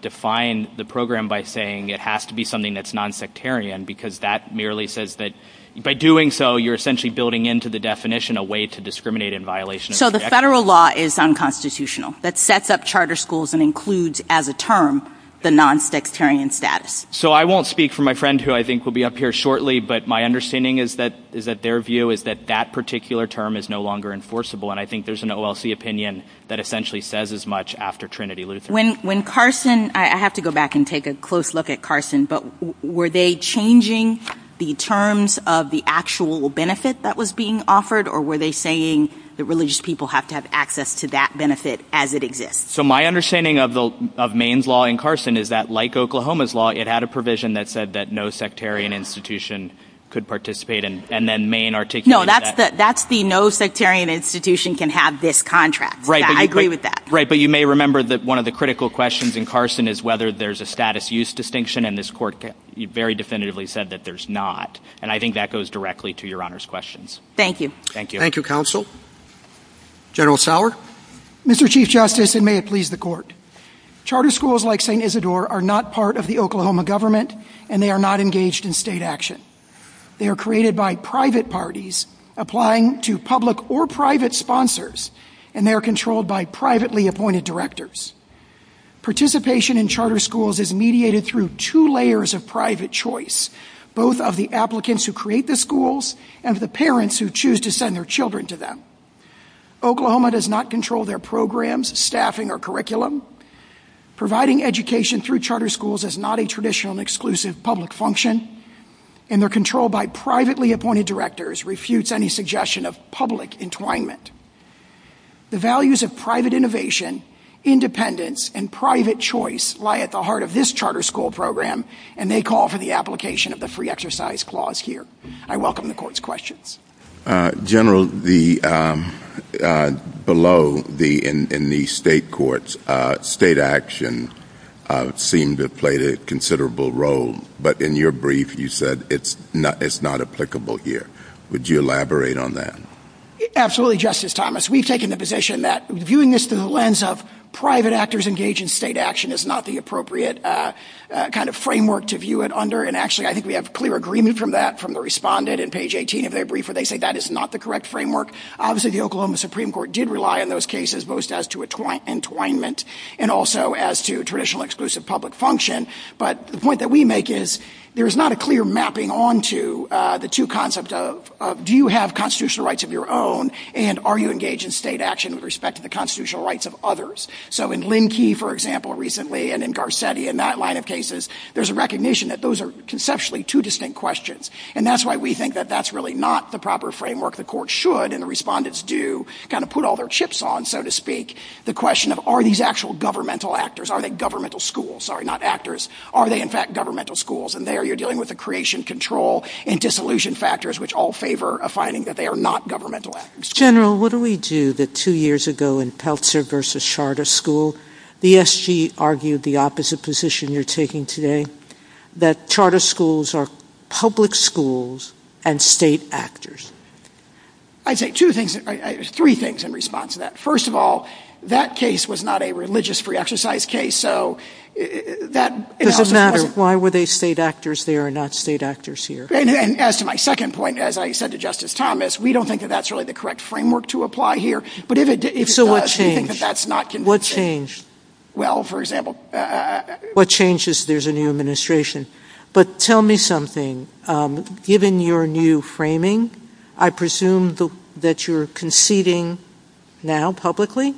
define the program by saying it has to be something that's nonsectarian because that merely says that by doing so, you're essentially building into the definition a way to discriminate in violation. So the federal law is unconstitutional. That sets up charter schools and includes as a term the nonsectarian status. So I won't speak for my friend who I think will be up here shortly, but my understanding is that their view is that that particular term is no longer enforceable, and I think there's an OLC opinion that essentially says as much after Trinity Lutheran. When Carson, I have to go back and take a close look at Carson, but were they changing the terms of the actual benefit that was being offered or were they saying that religious people have to have access to that benefit as it exists? So my understanding of Maine's law and Carson is that like Oklahoma's law, it had a provision that said that no sectarian institution could participate, and then Maine articulated that. No, that's the no sectarian institution can have this contract. Right. I agree with that. Right, but you may remember that one of the critical questions in Carson is whether there's a status use distinction, and this court very definitively said that there's not, and I think that goes directly to Your Honor's questions. Thank you. Thank you. Thank you, Counsel. General Sauer? Mr. Chief Justice, and may it please the Court, charter schools like St. Isidore are not part of the Oklahoma government, and they are not engaged in state action. They are created by private parties applying to public or private sponsors, and they are controlled by privately appointed directors. Participation in charter schools is mediated through two layers of private choice, both of the applicants who create the schools and the parents who choose to send their children to them. Oklahoma does not control their programs, staffing, or curriculum. Providing education through charter schools is not a traditional and exclusive public function, and their control by privately appointed directors refutes any suggestion of public entwinement. The values of private innovation, independence, and private choice lie at the heart of this charter school program, and they call for the application of the free exercise clause here. I welcome the Court's questions. General, below in the state courts, state action seemed to play a considerable role, but in your brief you said it's not applicable here. Would you elaborate on that? Absolutely, Justice Thomas. We've taken the position that viewing this through the lens of private actors engaged in state action is not the appropriate kind of framework to view it under, and actually I think we have clear agreement from that from the respondent in page 18 of their brief where they say that is not the correct framework. Obviously, the Oklahoma Supreme Court did rely on those cases most as to entwinement and also as to traditional exclusive public function, but the point that we make is there's not a clear mapping onto the two concepts of do you have constitutional rights of your own, and are you engaged in state action with respect to the constitutional rights of others? So in Linn Key, for example, recently, and in Garcetti and that line of cases, there's a recognition that those are conceptually two distinct questions, and that's why we think that that's really not the proper framework the court should, and the respondents do kind of put all their chips on, so to speak, the question of are these actual governmental actors, are they governmental schools? Sorry, not actors. Are they, in fact, governmental schools? And there you're dealing with the creation, control, and dissolution factors which all favor a finding that they are not governmental actors. General, what do we do that two years ago in Peltzer v. Charter School, the SG argued the opposite position you're taking today, that charter schools are public schools and state actors? I'd say two things. There's three things in response to that. First of all, that case was not a religious free exercise case, so that doesn't matter. It doesn't matter. Why were they state actors there and not state actors here? And as to my second point, as I said to Justice Thomas, we don't think that that's really the correct framework to apply here. So what changed? What changed? Well, for example- What changes? There's a new administration. But tell me something. Given your new framing, I presume that you're conceding now publicly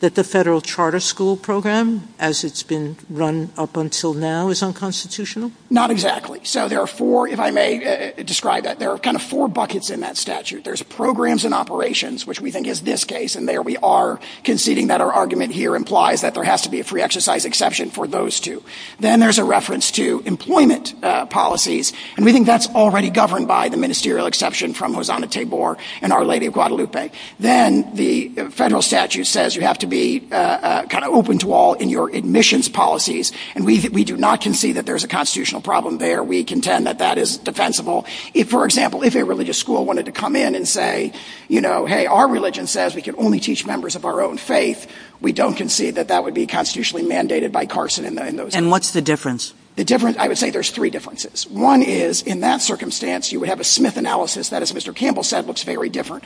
that the federal charter school program, as it's been run up until now, is unconstitutional? Not exactly. So there are four, if I may describe that. There are kind of four buckets in that statute. There's programs and operations, which we think is this case, and there we are conceding that our argument here implies that there has to be a free exercise exception for those two. Then there's a reference to employment policies, and we think that's already governed by the ministerial exception from Hosanna Tabor and Our Lady of Guadalupe. Then the federal statute says you have to be kind of open to all in your admissions policies, and we do not concede that there's a constitutional problem there. We contend that that is defensible. For example, if a religious school wanted to come in and say, you know, hey, our religion says we can only teach members of our own faith, we don't concede that that would be constitutionally mandated by Carson. And what's the difference? I would say there's three differences. One is in that circumstance you would have a Smith analysis that, as Mr. Campbell said, looks very different.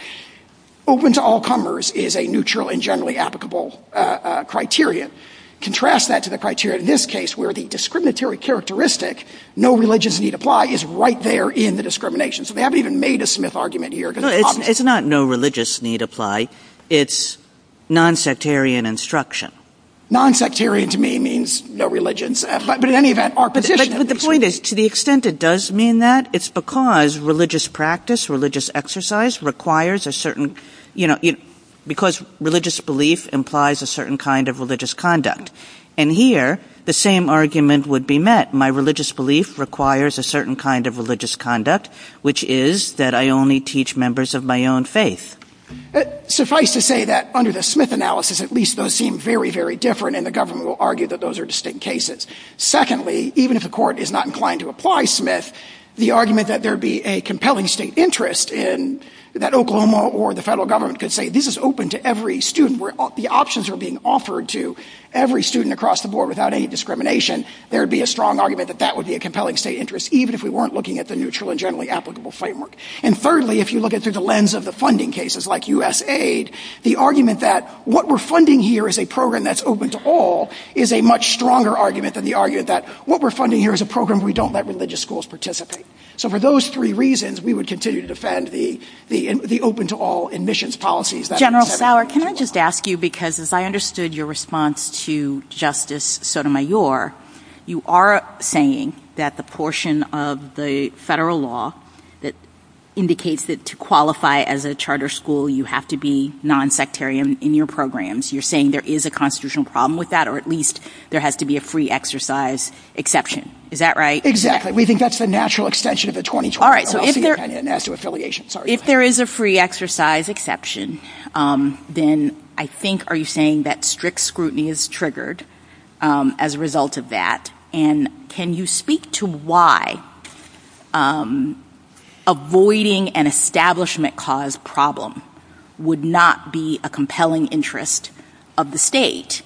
Open to all comers is a neutral and generally applicable criteria. Contrast that to the criteria in this case where the discriminatory characteristic, no religious need apply, is right there in the discrimination. So they haven't even made a Smith argument here. It's not no religious need apply. It's nonsectarian instruction. Nonsectarian to me means no religions, but in any event, our position is. But the point is, to the extent it does mean that, it's because religious practice, religious exercise requires a certain, you know, because religious belief implies a certain kind of religious conduct. And here, the same argument would be met. My religious belief requires a certain kind of religious conduct, which is that I only teach members of my own faith. Suffice to say that under the Smith analysis, at least those seem very, very different, and the government will argue that those are distinct cases. Secondly, even if the court is not inclined to apply Smith, the argument that there would be a compelling state interest in that Oklahoma or the federal government could say this is open to every student. The options are being offered to every student across the board without any discrimination. There would be a strong argument that that would be a compelling state interest, even if we weren't looking at the neutral and generally applicable framework. And thirdly, if you look at it through the lens of the funding cases like USAID, the argument that what we're funding here is a program that's open to all is a much stronger argument than the argument that what we're funding here is a program we don't let religious schools participate. So for those three reasons, we would continue to defend the open to all admissions policies. General Fowler, can I just ask you, because as I understood your response to Justice Sotomayor, you are saying that the portion of the federal law that indicates it to qualify as a charter school, you have to be nonsectarian in your programs. You're saying there is a constitutional problem with that, or at least there has to be a free exercise exception. Is that right? Exactly. We think that's the natural extension of the 2020... If there is a free exercise exception, then I think are you saying that strict scrutiny is triggered as a result of that? And can you speak to why avoiding an establishment cause problem would not be a compelling interest of the state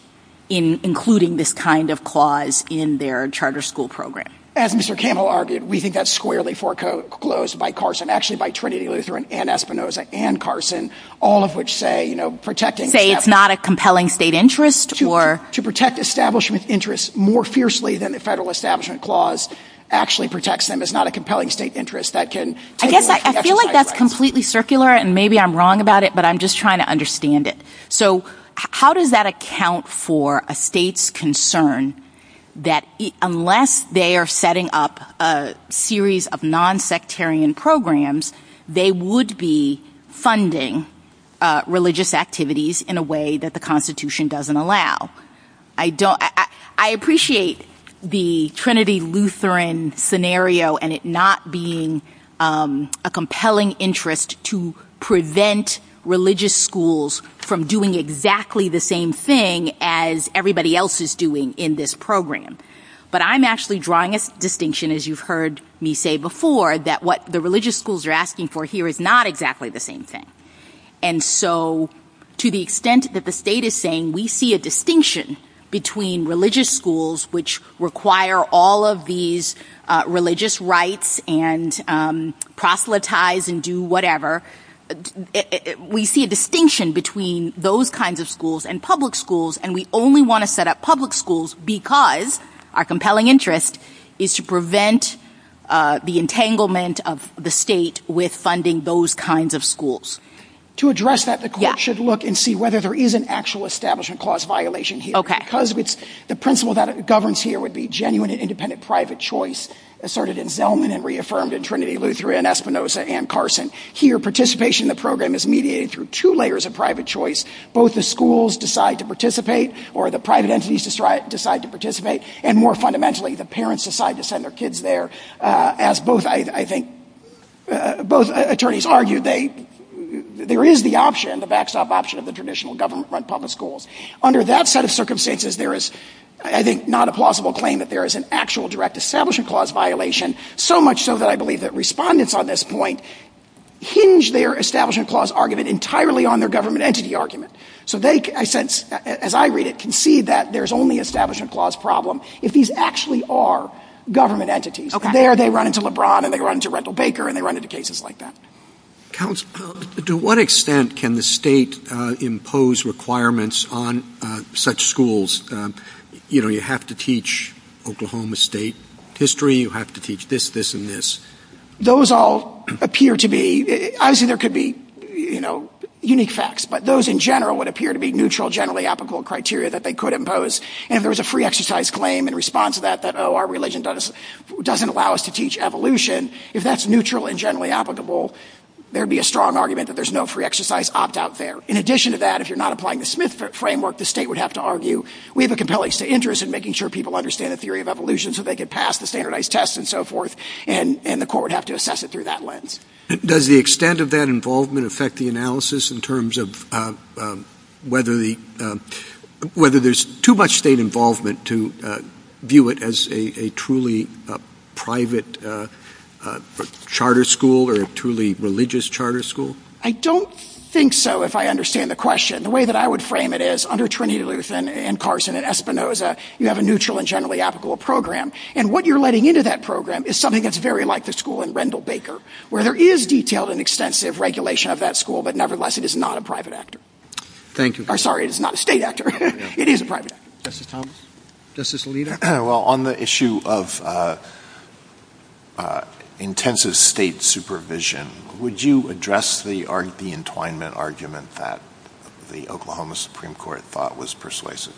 in including this kind of clause in their charter school program? As Mr. Campbell argued, we think that's squarely foreclosed by Carson, actually by Trinity Lutheran and Espinosa and Carson, all of which say protecting... Say it's not a compelling state interest? To protect establishment interests more fiercely than the federal establishment clause actually protects them is not a compelling state interest. I feel like that's completely circular, and maybe I'm wrong about it, but I'm just trying to understand it. How does that account for a state's concern that unless they are setting up a series of nonsectarian programs, they would be funding religious activities in a way that the Constitution doesn't allow? I appreciate the Trinity Lutheran scenario and it not being a compelling interest to prevent religious schools from doing exactly the same thing as everybody else is doing in this program. But I'm actually drawing a distinction, as you've heard me say before, that what the religious schools are asking for here is not exactly the same thing. And so to the extent that the state is saying we see a distinction between religious schools which require all of these religious rites and proselytize and do whatever, we see a distinction between those kinds of schools and public schools and we only want to set up public schools because our compelling interest is to prevent the entanglement of the state with funding those kinds of schools. To address that, the court should look and see whether there is an actual establishment clause violation here because the principle that governs here would be genuine and independent private choice asserted in Zelman and reaffirmed in Trinity Lutheran, Espinosa, and Carson. Here participation in the program is mediated through two layers of private choice. Both the schools decide to participate or the private entities decide to participate. And more fundamentally, the parents decide to send their kids there. As both, I think, both attorneys argue, there is the option, the backstop option, of the traditional government-run public schools. Under that set of circumstances, there is, I think, not a plausible claim that there is an actual direct establishment clause violation so much so that I believe that respondents on this point hinge their establishment clause argument entirely on their government entity argument. So they, I sense, as I read it, can see that there's only establishment clause problem if these actually are government entities. There they run into LeBron and they run into Rental Baker and they run into cases like that. Counsel, to what extent can the state impose requirements on such schools? You know, you have to teach Oklahoma State history, you have to teach this, this, and this. Those all appear to be, obviously there could be, you know, unique facts, but those in general would appear to be neutral, generally applicable criteria that they could impose. And if there was a free exercise claim in response to that, that, oh, our religion doesn't allow us to teach evolution, if that's neutral and generally applicable, there'd be a strong argument that there's no free exercise opt-out there. In addition to that, if you're not applying the Smith framework, the state would have to argue we have a compelling interest in making sure people understand the theory of evolution so they could pass the standardized test and so forth, and the court would have to assess it through that lens. Does the extent of that involvement affect the analysis in terms of whether there's too much state involvement to view it as a truly private charter school or a truly religious charter school? I don't think so, if I understand the question. The way that I would frame it is under Trinidad and Luther and Carson and Espinoza, you have a neutral and generally applicable program, and what you're letting into that program is something that's very like the school in Rendell Baker, where there is detailed and extensive regulation of that school, but nevertheless it is not a private actor. Thank you. Sorry, it's not a state actor. It is a private actor. Justice Thomas? Justice Alito? Well, on the issue of intensive state supervision, would you address the entwinement argument that the Oklahoma Supreme Court thought was persuasive?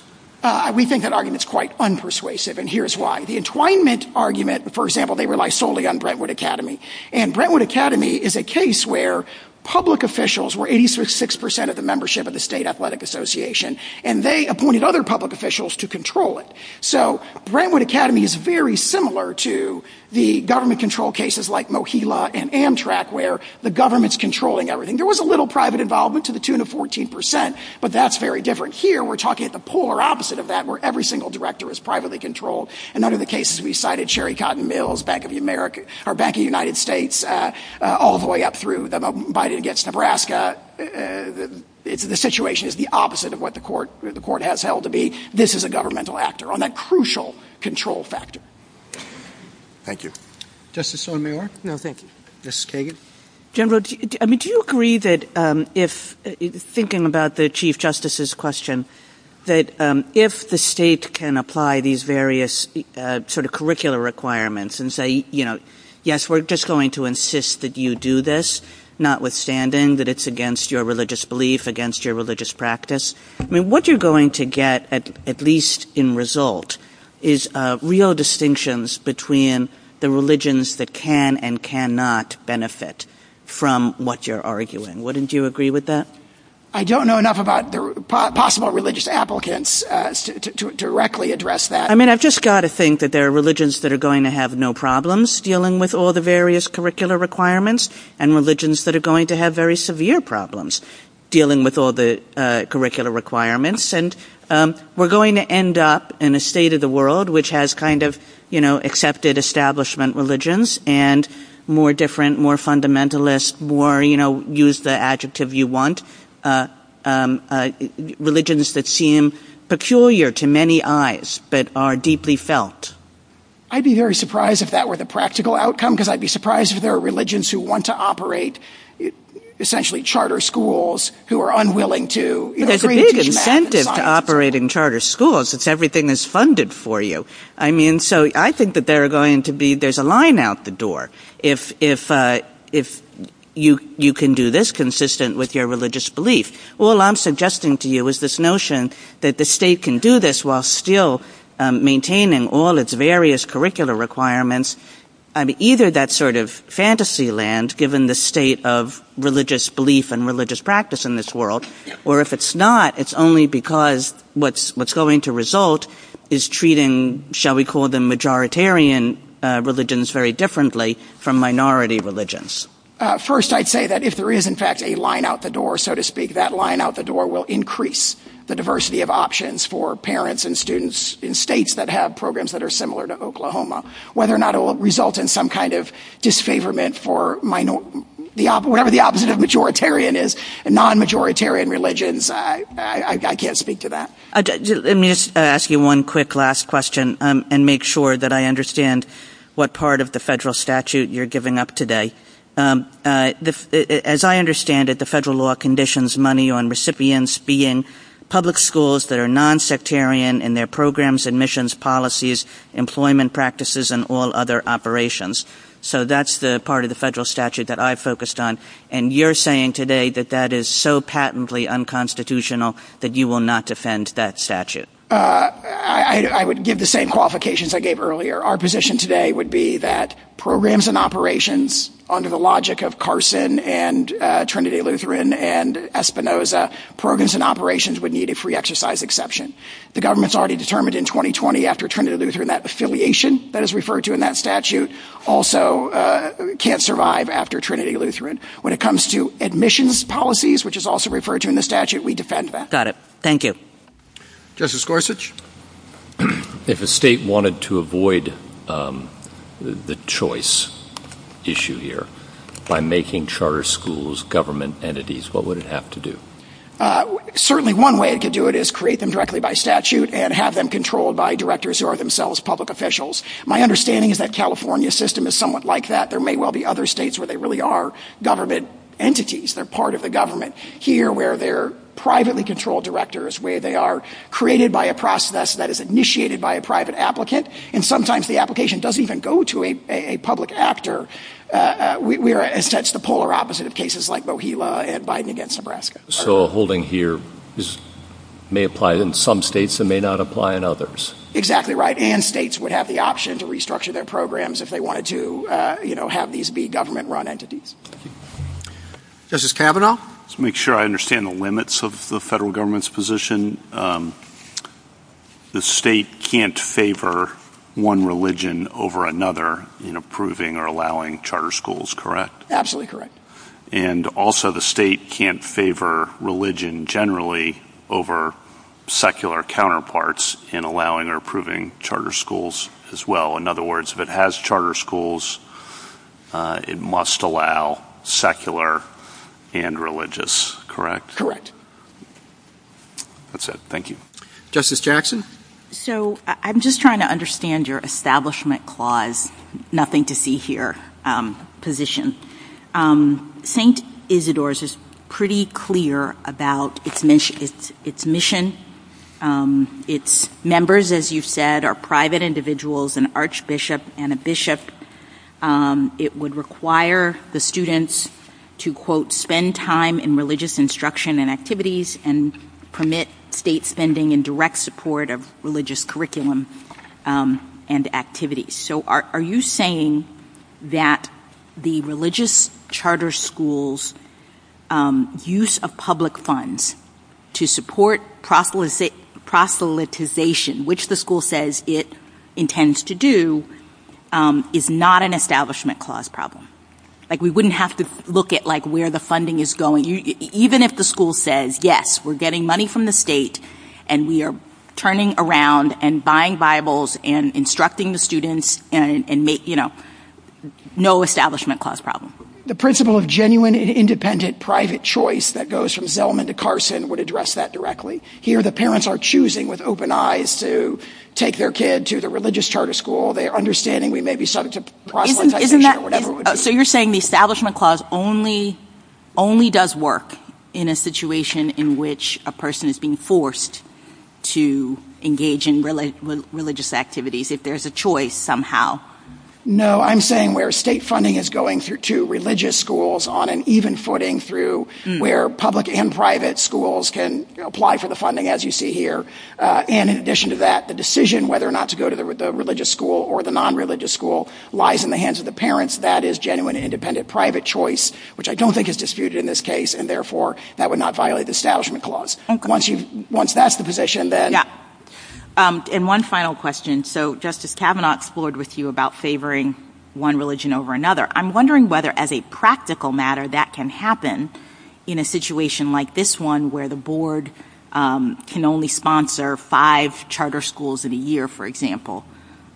We think that argument is quite unpersuasive, and here's why. The entwinement argument, for example, they rely solely on Brentwood Academy, and Brentwood Academy is a case where public officials were 86% of the membership of the State Athletic Association, and they appointed other public officials to control it. So Brentwood Academy is very similar to the government-controlled cases like Mohila and Amtrak, where the government's controlling everything. There was a little private involvement to the tune of 14%, but that's very different here. We're talking at the polar opposite of that, where every single director is privately controlled, and under the cases we cited, Sherry Cotton Mills, Bank of America, or Bank of the United States, all the way up through Biden against Nebraska. The situation is the opposite of what the court has held to be. This is a governmental actor on that crucial control factor. Thank you. Justice Sotomayor? No, thank you. Justice Kagan? General, do you agree that if, thinking about the Chief Justice's question, that if the state can apply these various sort of curricular requirements and say, you know, yes, we're just going to insist that you do this, notwithstanding that it's against your religious belief, against your religious practice, what you're going to get, at least in result, is real distinctions between the religions that can and cannot benefit from what you're arguing. Wouldn't you agree with that? I don't know enough about possible religious applicants to directly address that. I mean, I've just got to think that there are religions that are going to have no problems dealing with all the various curricular requirements, and religions that are going to have very severe problems dealing with all the curricular requirements, and we're going to end up in a state of the world which has kind of, you know, accepted establishment religions and more different, more fundamentalist, more, you know, use the adjective you want, religions that seem peculiar to many eyes, but are deeply felt. I'd be very surprised if that were the practical outcome, because I'd be surprised if there are religions who want to operate essentially charter schools who are unwilling to. There's a big incentive to operate in charter schools if everything is funded for you. I mean, so I think that there are going to be, there's a line out the door if you can do this consistent with your religious belief. All I'm suggesting to you is this notion that the state can do this while still maintaining all its various curricular requirements, and either that sort of fantasy land, given the state of religious belief and religious practice in this world, or if it's not, it's only because what's going to result is treating, shall we call them, majoritarian religions very differently from minority religions. First, I'd say that if there is, in fact, a line out the door, so to speak, that line out the door will increase the diversity of options for parents and students in states that have programs that are similar to Oklahoma, whether or not it will result in some kind of disfavorment for whatever the opposite of majoritarian is, non-majoritarian religions. I can't speak to that. Let me just ask you one quick last question and make sure that I understand what part of the federal statute you're giving up today. As I understand it, the federal law conditions money on recipients being public schools that are non-sectarian in their programs, admissions policies, employment practices, and all other operations. So that's the part of the federal statute that I focused on, and you're saying today that that is so patently unconstitutional that you will not defend that statute. I would give the same qualifications I gave earlier. Our position today would be that programs and operations, under the logic of Carson and Trinity Lutheran and Espinoza, programs and operations would need a free exercise exception. The government's already determined in 2020 after Trinity Lutheran that affiliation that is referred to in that statute also can't survive after Trinity Lutheran. When it comes to admissions policies, which is also referred to in the statute, we defend that. Got it. Thank you. Justice Gorsuch? If a state wanted to avoid the choice issue here by making charter schools government entities, what would it have to do? Certainly one way it could do it is create them directly by statute and have them controlled by directors who are themselves public officials. My understanding is that California's system is somewhat like that. There may well be other states where they really are government entities. They're part of the government here where they're privately controlled directors, where they are created by a process that is initiated by a private applicant, and sometimes the application doesn't even go to a public actor. We are, in a sense, the polar opposite of cases like Mojito and Biden against Nebraska. So holding here, this may apply in some states, it may not apply in others. Exactly right, and states would have the option to restructure their programs if they wanted to have these be government-run entities. Justice Kavanaugh? To make sure I understand the limits of the federal government's position, the state can't favor one religion over another in approving or allowing charter schools, correct? Absolutely correct. And also the state can't favor religion generally over secular counterparts in allowing or approving charter schools as well. In other words, if it has charter schools, it must allow secular and religious, correct? That's it, thank you. Justice Jackson? So I'm just trying to understand your establishment clause, nothing to see here, position. St. Isidore's is pretty clear about its mission. Its members, as you've said, are private individuals, an archbishop and a bishop. It would require the students to, quote, spend time in religious instruction and activities and permit state spending in direct support of religious curriculum and activities. So are you saying that the religious charter schools use of public funds to support proselytization, which the school says it intends to do, is not an establishment clause problem? Like, we wouldn't have to look at, like, where the funding is going, even if the school says, yes, we're getting money from the state and we are turning around and buying Bibles and instructing the students and make, you know, no establishment clause problem. The principle of genuine, independent, private choice that goes from Zelman to Carson would address that directly. Here, the parents are choosing with open eyes to take their kid to the religious charter school. They are understanding we may be subject to problems. So you're saying the establishment clause only does work in a situation in which a person is being forced to engage in religious activities if there's a choice somehow? No, I'm saying where state funding is going through two religious schools on an even footing through where public and private schools can apply for the funding, as you see here. And in addition to that, the decision whether or not to go to the religious school or the non-religious school lies in the hands of the parents. That is genuine, independent, private choice, which I don't think is disputed in this case, and therefore that would not violate the establishment clause. Once that's the position, then... And one final question. So Justice Kavanaugh explored with you about favoring one religion over another. I'm wondering whether, as a practical matter, that can happen in a situation like this one where the board can only sponsor five charter schools in a year, for example.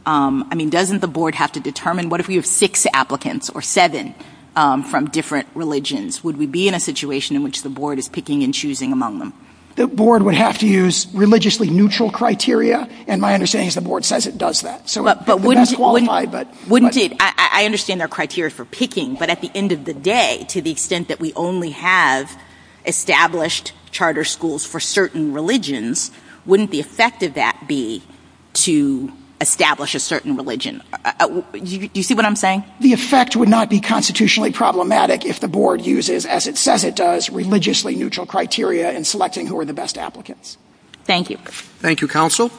I mean, doesn't the board have to determine what if we have six applicants, or seven, from different religions? Would we be in a situation in which the board is picking and choosing among them? The board would have to use religiously neutral criteria, and my understanding is the board says it does that. But wouldn't it... I understand there are criteria for picking, but at the end of the day, to the extent that we only have established charter schools for certain religions, wouldn't the effect of that be to establish a certain religion? Do you see what I'm saying? The effect would not be constitutionally problematic if the board uses, as it says it does, religiously neutral criteria in selecting who are the best applicants. Thank you. Thank you, Counsel.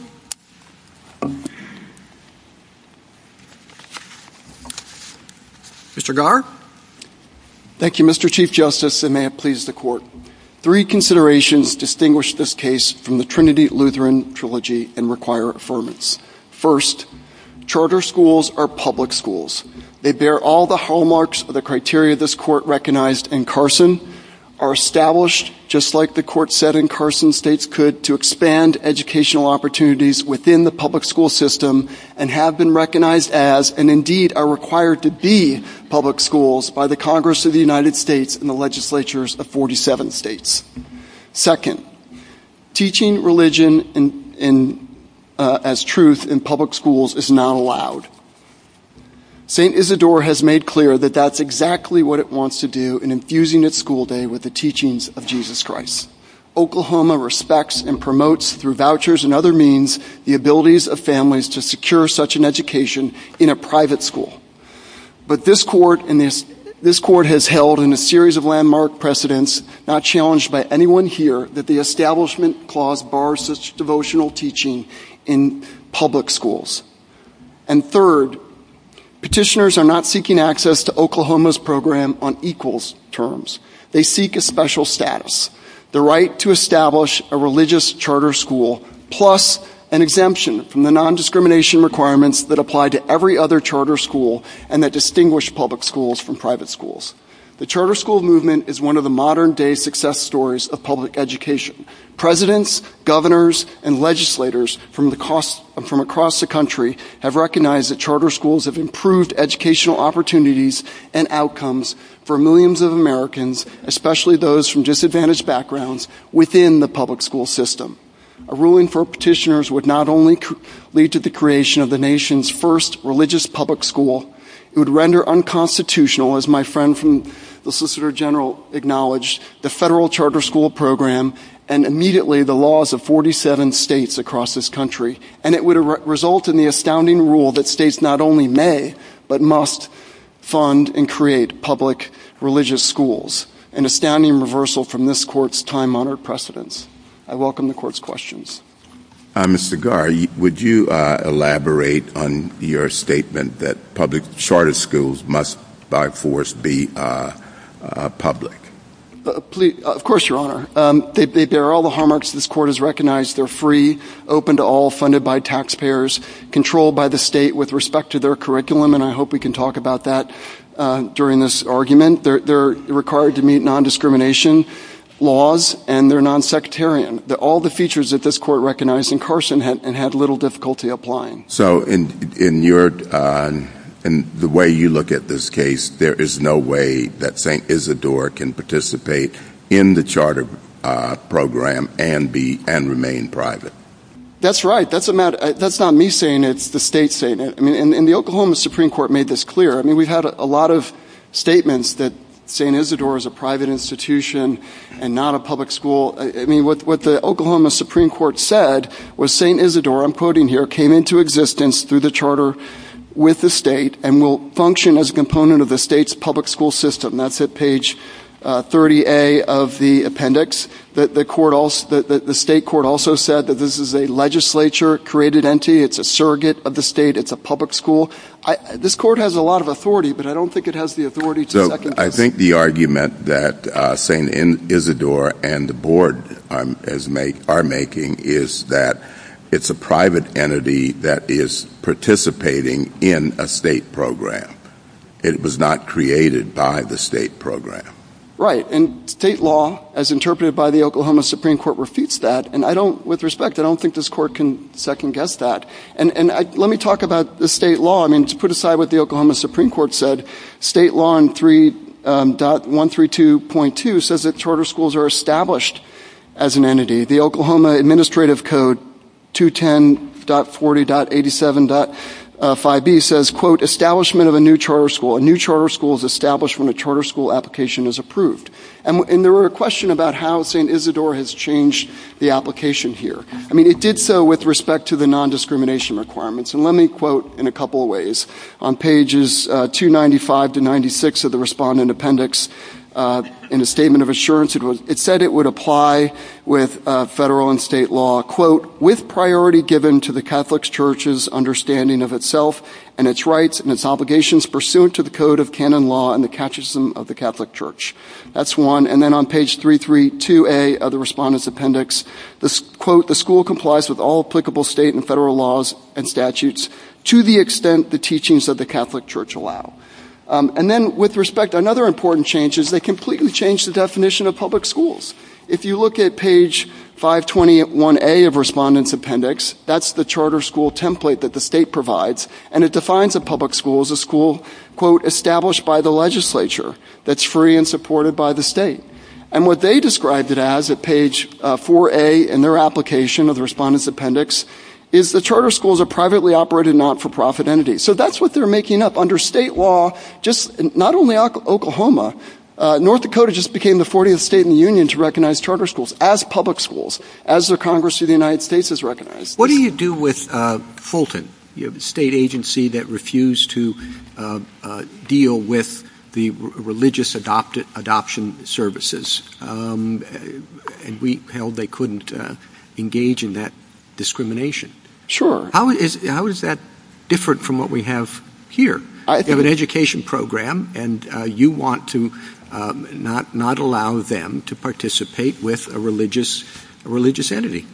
Mr. Garr? Thank you, Mr. Chief Justice, and may it please the Court. Three considerations distinguish this case from the Trinity Lutheran Trilogy and require affirmance. First, charter schools are public schools. They bear all the hallmarks of the criteria this Court recognized in Carson, are established, just like the Court said in Carson, states could to expand educational opportunities within the public school system, and have been recognized as, and indeed are required to be, public schools by the Congress of the United States and the legislatures of 47 states. Second, teaching religion as truth in public schools is not allowed. St. Isidore has made clear that that's exactly what it wants to do in infusing its school day with the teachings of Jesus Christ. Oklahoma respects and promotes, through vouchers and other means, the abilities of families to secure such an education in a private school. But this Court has held, in a series of landmark precedents, not challenged by anyone here, that the Establishment Clause bars such devotional teaching in public schools. And third, petitioners are not seeking access to Oklahoma's program on equals terms. They seek a special status, the right to establish a religious charter school, plus an exemption from the nondiscrimination requirements that apply to every other charter school and that distinguish public schools from private schools. The charter school movement is one of the modern-day success stories of public education. Presidents, governors, and legislators from across the country have recognized that charter schools have improved educational opportunities and outcomes for millions of Americans, especially those from disadvantaged backgrounds, within the public school system. A ruling for petitioners would not only lead to the creation of the nation's first religious public school, it would render unconstitutional, as my friend from the Solicitor General acknowledged, the federal charter school program and immediately the laws of 47 states across this country, and it would result in the astounding rule that states not only may but must fund and create public religious schools, an astounding reversal from this Court's time-honored precedence. I welcome the Court's questions. Mr. Garr, would you elaborate on your statement that public charter schools must, by force, be public? Of course, Your Honor. They bear all the hallmarks this Court has recognized. They're free, open to all, funded by taxpayers, controlled by the state with respect to their curriculum, and I hope we can talk about that during this argument. They're required to meet non-discrimination laws, and they're non-sectarian. All the features that this Court recognized in Carson and had little difficulty applying. So, in your... in the way you look at this case, there is no way that St. Isidore can participate in the charter program and remain private. That's right. That's not me saying it. It's the state saying it. And the Oklahoma Supreme Court made this clear. I mean, we've had a lot of statements that St. Isidore is a private institution and not a public school. I mean, what the Oklahoma Supreme Court said was St. Isidore, I'm quoting here, came into existence through the charter with the state and will function as a component of the state's public school system. That's at page 30A of the appendix. The state court also said that this is a legislature-created entity. It's a surrogate of the state. It's a public school. This court has a lot of authority, but I don't think it has the authority to... I think the argument that St. Isidore and the board are making is that it's a private entity that is participating in a state program. It was not created by the state program. Right. And state law, as interpreted by the Oklahoma Supreme Court, repeats that. And with respect, I don't think this court can second-guess that. And let me talk about the state law. I mean, to put aside what the Oklahoma Supreme Court said, state law in 3.132.2 says that charter schools are established as an entity. The Oklahoma Administrative Code, 210.40.87.5b, says, quote, establishment of a new charter school. A new charter school is established when a charter school application is approved. And there were questions about how St. Isidore has changed the application here. I mean, it did so with respect to the nondiscrimination requirements. And let me quote in a couple of ways. On pages 295 to 96 of the respondent appendix, in a statement of assurance, it said it would apply with federal and state law, quote, with priority given to the Catholic Church's understanding of itself and its rights and its obligations pursuant to the Code of Canon Law and the Catechism of the Catholic Church. That's one. And then on page 332A of the respondent's appendix, quote, the school complies with all applicable state and federal laws and statutes to the extent the teachings of the Catholic Church allow. And then, with respect, another important change is they completely changed the definition of public schools. If you look at page 521A of the respondent's appendix, that's the charter school template that the state provides, and it defines a public school as a school, established by the legislature that's free and supported by the state. And what they described it as at page 4A in their application of the respondent's appendix is the charter school is a privately operated not-for-profit entity. So that's what they're making up. Under state law, just not only Oklahoma, North Dakota just became the 40th state in the Union to recognize charter schools as public schools, as the Congress of the United States has recognized. What do you do with Fulton, the state agency that refused to deal with the religious adoption services? We held they couldn't engage in that discrimination. Sure. How is that different from what we have here? You have an education program, and you want to not allow them to participate with a religious entity.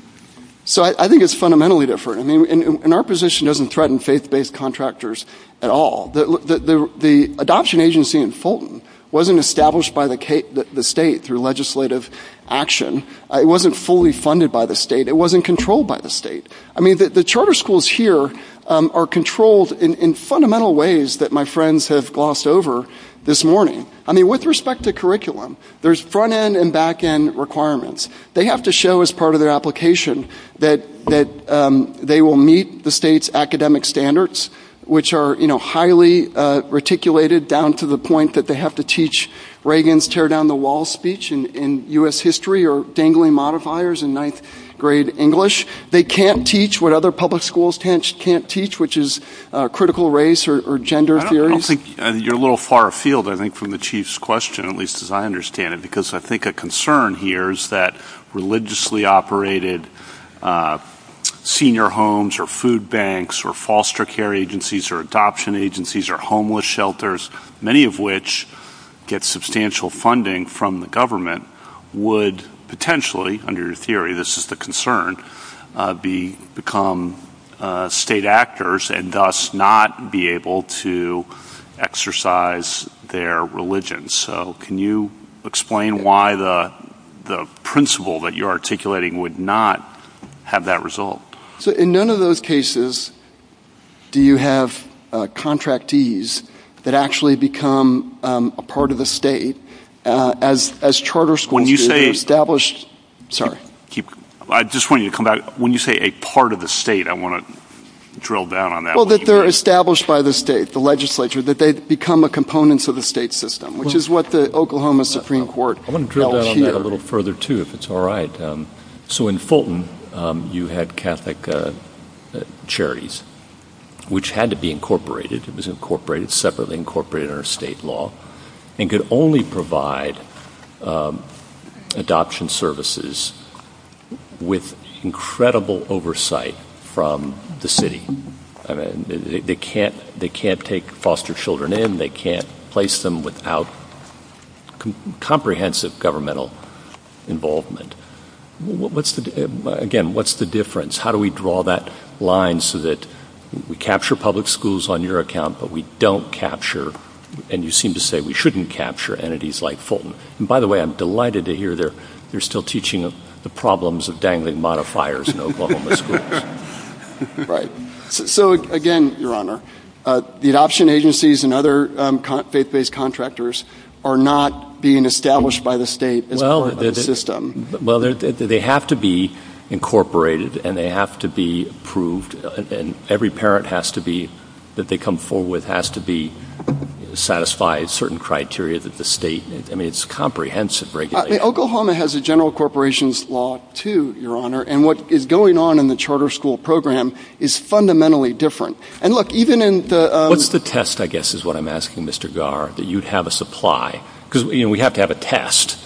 So I think it's fundamentally different. I mean, and our position doesn't threaten faith-based contractors at all. The adoption agency in Fulton wasn't established by the state through legislative action. It wasn't fully funded by the state. It wasn't controlled by the state. I mean, the charter schools here are controlled in fundamental ways that my friends have glossed over this morning. I mean, with respect to curriculum, there's front-end and back-end requirements. They have to show as part of their application that they will meet the state's academic standards, which are highly reticulated down to the point that they have to teach Reagan's tear-down-the-wall speech in U.S. history or dangling modifiers in ninth-grade English. They can't teach what other public schools can't teach, which is critical race or gender theories. I don't think you're a little far afield, I think, from the chief's question, at least as I understand it, because I think a concern here is that religiously operated senior homes or food banks or foster care agencies or adoption agencies or homeless shelters, many of which get substantial funding from the government, would potentially, under your theory, this is the concern, become state actors and thus not be able to exercise their religion. So can you explain why the principle that you're articulating would not have that result? So in none of those cases do you have contractees that actually become a part of the state as charter schools are established. Sorry. I just want you to come back. When you say a part of the state, I want to drill down on that. Well, that they're established by the state, the legislature, that they become a component to the state system, which is what the Oklahoma Supreme Court held here. I want to drill down on that a little further, too, if it's all right. So in Fulton, you had Catholic Charities, which had to be incorporated. It was incorporated separately, incorporated under state law, and could only provide adoption services with incredible oversight from the city. They can't take foster children in. They can't place them without comprehensive governmental involvement. Again, what's the difference? How do we draw that line so that we capture public schools on your account, but we don't capture, and you seem to say we shouldn't capture, entities like Fulton? And by the way, I'm delighted to hear you're still teaching the problems of dangling modifiers in Oklahoma schools. So again, Your Honor, the adoption agencies and other faith-based contractors are not being established by the state as part of the system. Well, they have to be incorporated, and they have to be approved. And every parent has to be, that they come forward with, has to be satisfied certain criteria that the state, I mean, it's comprehensive regulation. Oklahoma has a general corporations law, too, Your Honor. And what is going on in the charter school program is fundamentally different. And look, even in the- What's the test, I guess, is what I'm asking, Mr. Garr, that you'd have us apply? Because we have to have a test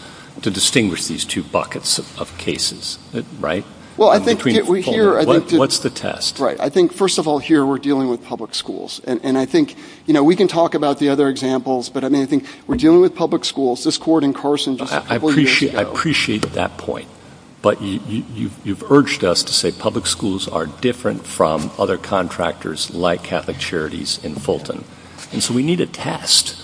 to distinguish these two buckets of cases, right? Well, I think we're here- What's the test? I think, first of all, here we're dealing with public schools. And I think we can talk about the other examples, but I mean, I think we're dealing with public schools. This court in Carson- I appreciate that point. But you've urged us to say public schools are different from other contractors like Catholic Charities in Fulton. And so we need a test,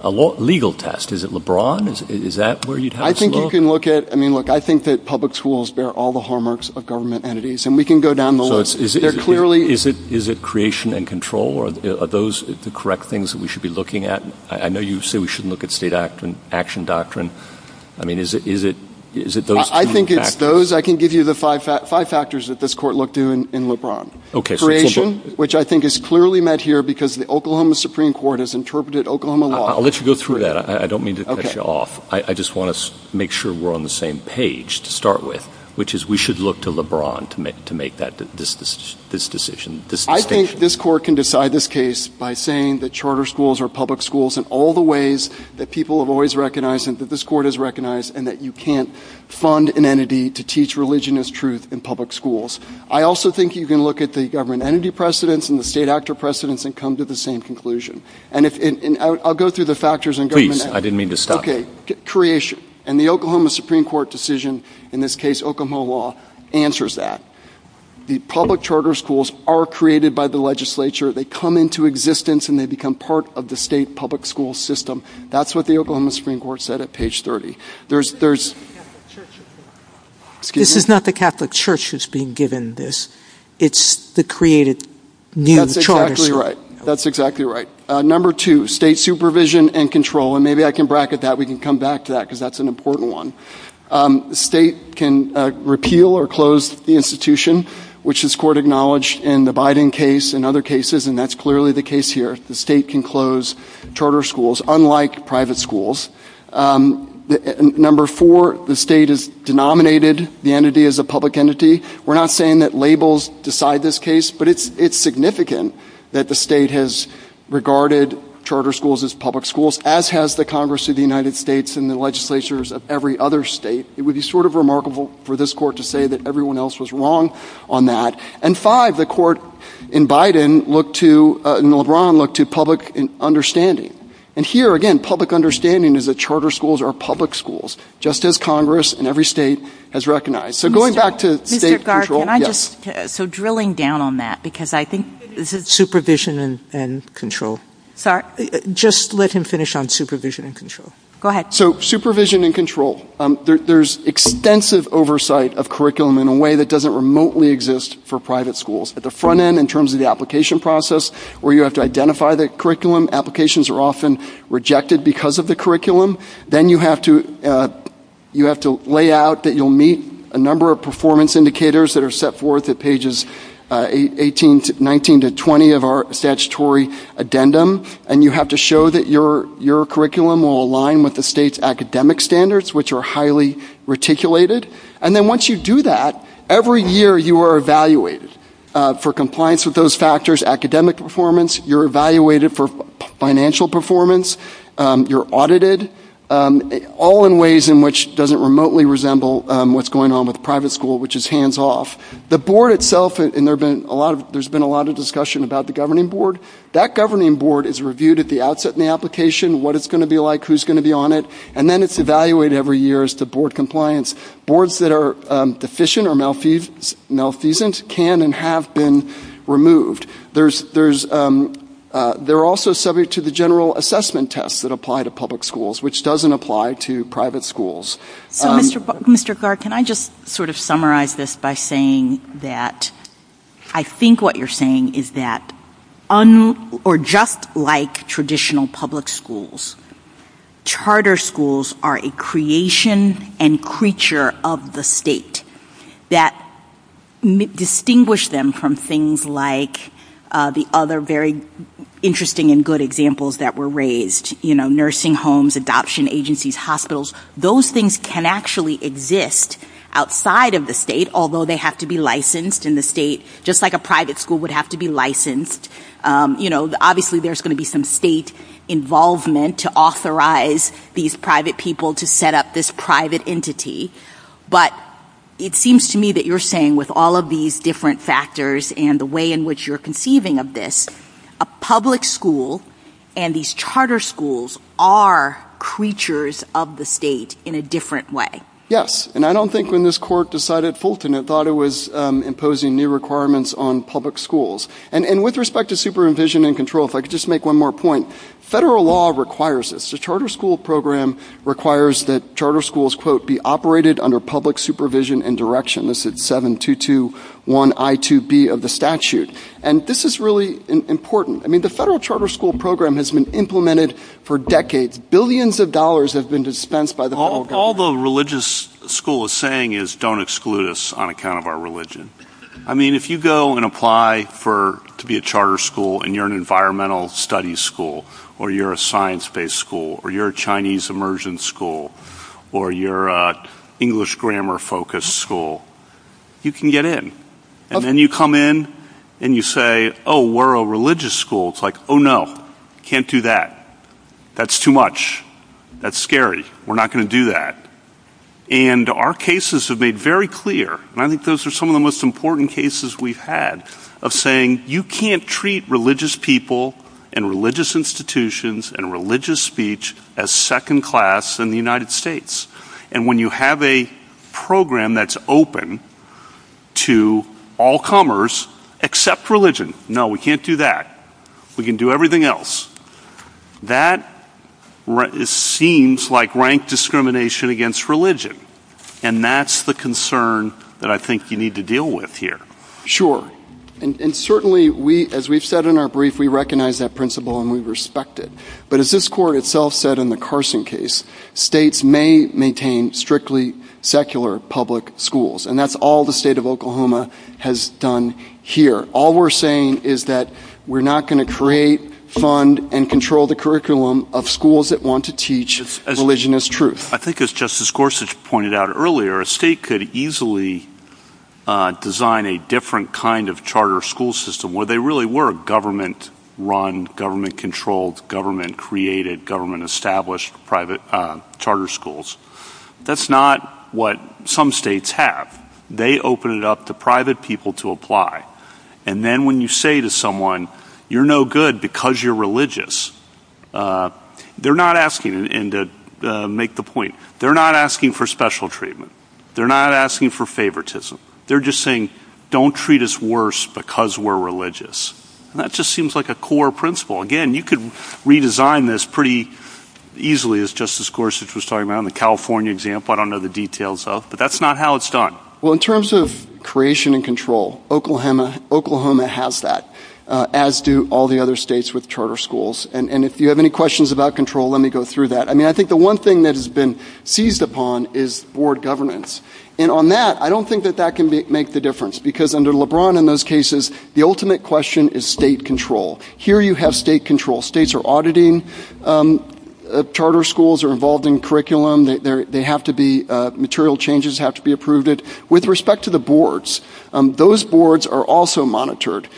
a legal test. Is it LeBron? Is that where you'd have us look? I think you can look at- I mean, look, I think that public schools bear all the hallmarks of government entities. And we can go down the list. They're clearly- Is it creation and control? Are those the correct things that we should be looking at? I know you say we shouldn't look at state action doctrine. I mean, is it those two factors? I think those, I can give you the five factors that this court looked to in LeBron. Creation, which I think is clearly met here because the Oklahoma Supreme Court has interpreted Oklahoma law- I'll let you go through that. I don't mean to cut you off. I just want to make sure we're on the same page to start with, which is we should look to LeBron to make this decision. I think this court can decide this case by saying that charter schools are public schools in all the ways that people have always recognized and that this court has recognized and that you can't fund an entity to teach religion as truth in public schools. I also think you can look at the government entity precedents and the state actor precedents and come to the same conclusion. And I'll go through the factors in government- Please, I didn't mean to stop you. Okay, creation. And the Oklahoma Supreme Court decision, in this case Oklahoma law, answers that. The public charter schools are created by the legislature. They come into existence and they become part of the state public school system. That's what the Oklahoma Supreme Court said at page 30. There's- This is not the Catholic Church that's being given this. It's the created new charter schools. That's exactly right. That's exactly right. Number two, state supervision and control. And maybe I can bracket that. We can come back to that because that's an important one. The state can repeal or close the institution, which this court acknowledged in the Biden case and other cases, and that's clearly the case here. The state can close charter schools, unlike private schools. Number four, the state has denominated the entity as a public entity. We're not saying that labels decide this case, but it's significant that the state has regarded charter schools as public schools, as has the Congress of the United States and the legislatures of every other state. It would be sort of remarkable for this court to say that everyone else was wrong on that. And five, the court in Biden looked to- in LeBron looked to public understanding. And here, again, public understanding is that charter schools are public schools, just as Congress and every state has recognized. So going back to state control- Mr. Garth, can I just- so drilling down on that because I think- Supervision and control. Sorry? Just let him finish on supervision and control. Go ahead. So supervision and control. There's extensive oversight of curriculum in a way that doesn't remotely exist for private schools. At the front end, in terms of the application process, where you have to identify the curriculum, applications are often rejected because of the curriculum. Then you have to lay out that you'll meet a number of performance indicators that are set forth at pages 18 to- 19 to 20 of our statutory addendum. And you have to show that your curriculum will align with the state's academic standards, which are highly reticulated. And then once you do that, every year you are evaluated for compliance with those factors. Academic performance, you're evaluated for financial performance, you're audited, all in ways in which doesn't remotely resemble what's going on with private school, which is hands-off. The board itself- and there's been a lot of discussion about the governing board- that governing board is reviewed at the outset in the application, what it's going to be like, who's going to be on it, and then it's evaluated every year as to board compliance. Boards that are deficient or malfeasance can and have been removed. They're also subject to the general assessment test that apply to public schools, which doesn't apply to private schools. Mr. Clark, can I just sort of summarize this by saying that I think what you're saying is that just like traditional public schools, charter schools are a creation and creature of the state that distinguish them from things like the other very interesting and good examples that were raised- nursing homes, adoption agencies, hospitals. Those things can actually exist outside of the state, although they have to be licensed in the state, just like a private school would have to be licensed. Obviously, there's going to be some state involvement to authorize these private people to set up this private entity, but it seems to me that you're saying with all of these different factors and the way in which you're conceiving of this, a public school and these charter schools are creatures of the state in a different way. Yes. And I don't think when this court decided Fulton, it thought it was imposing new requirements on public schools. And with respect to supervision and control, if I could just make one more point, federal law requires this. The charter school program requires that charter schools, quote, be operated under public supervision and direction. This is 7221I2B of the statute. And this is really important. I mean, the federal charter school program has been implemented for decades. Billions of dollars have been dispensed by the federal government. All the religious school is saying is don't exclude us on account of our religion. I mean, if you go and apply to be a charter school and you're an environmental studies school or you're a science-based school or you're a Chinese immersion school or you're an English grammar-focused school, you can get in. And then you come in and you say, oh, we're a religious school. It's like, oh, no. Can't do that. That's too much. That's scary. We're not going to do that. And our cases have made very clear, and I think those are some of the most important cases we've had, of saying you can't treat religious people and religious institutions and religious speech as second class in the United States. And when you have a program that's open to all comers except religion, no, we can't do that. We can do everything else. That seems like rank discrimination against religion. And that's the concern that I think you need to deal with here. Sure. And certainly, as we've said in our brief, we recognize that principle and we respect it. But as this court itself said in the Carson case, states may maintain strictly secular public schools. And that's all the state of Oklahoma has done here. All we're saying is that we're not going to create, fund, and control the curriculum of schools that want to teach religion as truth. I think as Justice Gorsuch pointed out earlier, a state could easily design a different kind of charter school system where they really were a government-run, government-controlled, government-created, government-established charter schools. That's not what some states have. They open it up to private people to apply. And then when you say to someone, you're no good because you're religious, they're not asking, and to make the point, they're not asking for special treatment. They're not asking for favoritism. They're just saying, don't treat us worse because we're religious. That just seems like a core principle. Again, you could redesign this pretty easily as Justice Gorsuch was talking about in the California example. I don't know the details, though. But that's not how it's done. Well, in terms of creation and control, Oklahoma has that, as do all the other states with charter schools. And if you have any questions about control, let me go through that. I mean, I think the one thing that has been seized upon is board governance. And on that, I don't think that that can make the difference because under LeBron in those cases, the ultimate question is state control. Here you have state control. States are auditing. Charter schools are involved in curriculum. They have to be, material changes have to be approved. With respect to the boards, those boards are also monitored.